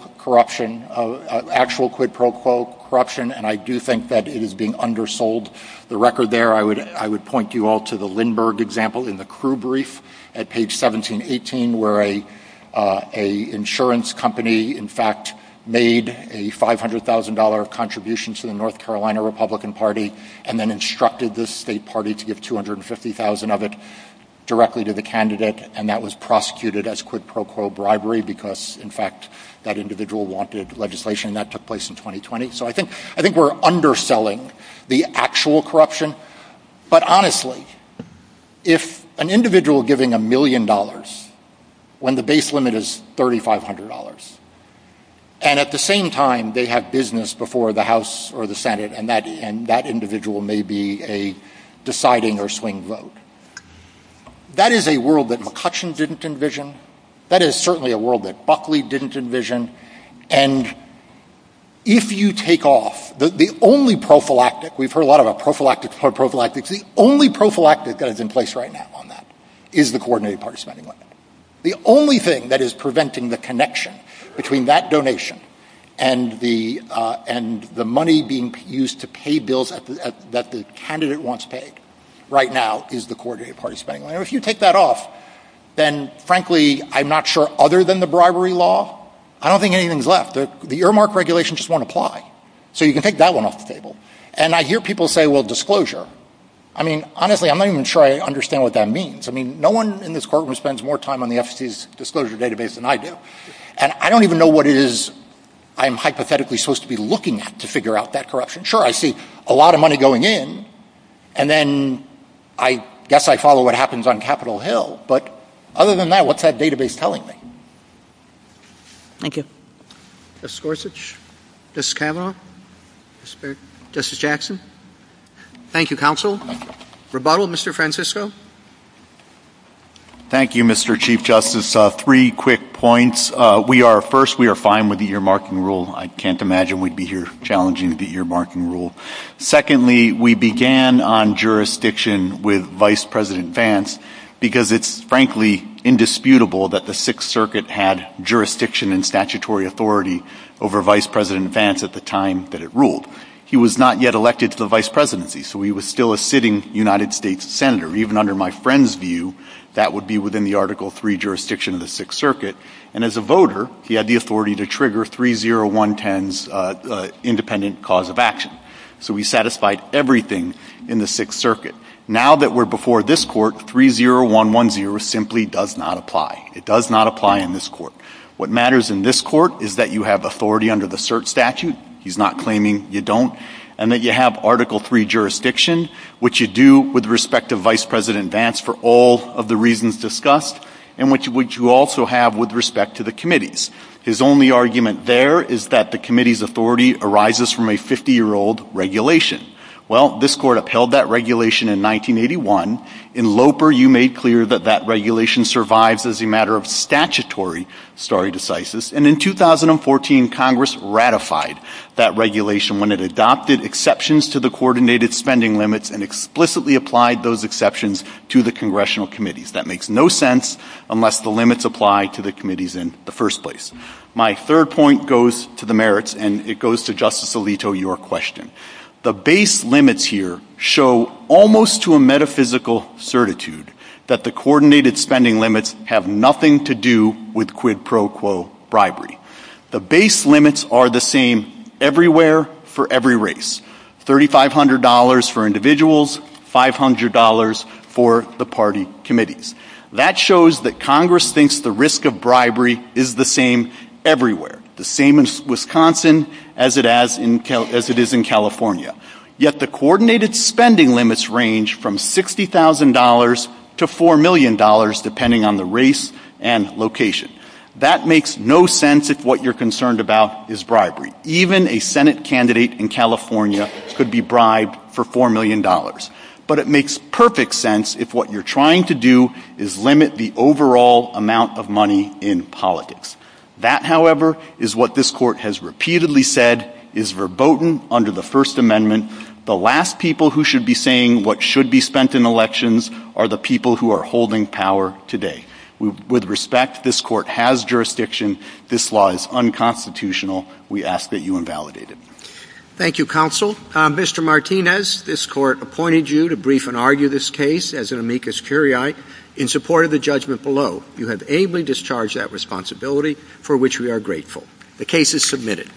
quid pro quo corruption, and I do think that it is being undersold. The record there, I would point you all to the Lindberg example in the crew brief at page 1718, where an insurance company, in fact, made a $500,000 contribution to the North Carolina Republican Party and then instructed this state party to give $250,000 of it directly to the candidate, and that was prosecuted as quid pro quo bribery because, in fact, that individual wanted legislation. That took place in 2020, so I think we're underselling the actual corruption. But honestly, if an individual giving a million dollars when the base limit is $3,500, and at the same time they have business before the House or the Senate, and that individual may be a deciding or swing vote, that is a world that McCutcheon didn't envision. That is certainly a world that Buckley didn't envision. And if you take off the only prophylactic, we've heard a lot about prophylactics, the only prophylactic that is in place right now on that is the coordinated party spending limit. The only thing that is preventing the connection between that donation and the money being used to pay bills that the candidate wants paid right now is the coordinated party spending limit. And if you take that off, then frankly, I'm not sure other than the bribery law, I don't think anything is left. The earmark regulation just won't apply. So you can take that one off the table. And I hear people say, well, disclosure. I mean, honestly, I'm not even sure I understand what that means. I mean, no one in this courtroom spends more time on the FCC's disclosure database than I do. And I don't even know what it is I'm hypothetically supposed to be looking at to figure out that corruption. Sure, I see a lot of money going in. And then I guess I follow what happens on Capitol Hill. But other than that, what's that database telling me? Thank you. Justice Gorsuch, Justice Kavanaugh, Justice Jackson. Thank you, counsel. Rebuttal, Mr. Francisco. Thank you, Mr. Chief Justice. Three quick points. First, we are fine with the earmarking rule. I can't imagine we'd be here challenging the earmarking rule. Secondly, we began on jurisdiction with Vice President Vance because it's frankly indisputable that the Sixth Circuit had jurisdiction and statutory authority over Vice President Vance at the time that it ruled. He was not yet elected to the vice presidency, so he was still a sitting United States senator. Even under my friend's view, that would be within the Article III jurisdiction of the Sixth Circuit. And as a voter, he had the authority to trigger 3-0-1-10's independent cause of action. So he satisfied everything in the Sixth Circuit. Now that we're before this court, 3-0-1-1-0 simply does not apply. It does not apply in this court. What matters in this court is that you have authority under the cert statute. He's not claiming you don't. And that you have Article III jurisdiction, which you do with respect to Vice President Vance for all of the reasons discussed, and which you also have with respect to the committees. His only argument there is that the committee's authority arises from a 50-year-old regulation. Well, this court upheld that regulation in 1981. In Loper, you made clear that that regulation survives as a matter of statutory stare decisis. And in 2014, Congress ratified that regulation when it adopted exceptions to the coordinated spending limits and explicitly applied those exceptions to the congressional committees. That makes no sense unless the limits apply to the committees in the first place. My third point goes to the merits, and it goes to Justice Alito, your question. The base limits here show almost to a metaphysical certitude that the coordinated spending limits have nothing to do with quid pro quo bribery. The base limits are the same everywhere for every race. $3,500 for individuals, $500 for the party committees. That shows that Congress thinks the risk of bribery is the same everywhere, the same in Wisconsin as it is in California. Yet the coordinated spending limits range from $60,000 to $4 million, depending on the race and location. That makes no sense if what you're concerned about is bribery. Even a Senate candidate in California could be bribed for $4 million. But it makes perfect sense if what you're trying to do is limit the overall amount of money in politics. That, however, is what this Court has repeatedly said is verboten under the First Amendment. The last people who should be saying what should be spent in elections are the people who are holding power today. With respect, this Court has jurisdiction. This law is unconstitutional. We ask that you invalidate it. Thank you, Counsel. Mr. Martinez, this Court appointed you to brief and argue this case as an amicus curiae in support of the judgment below. You have ably discharged that responsibility, for which we are grateful. The case is submitted.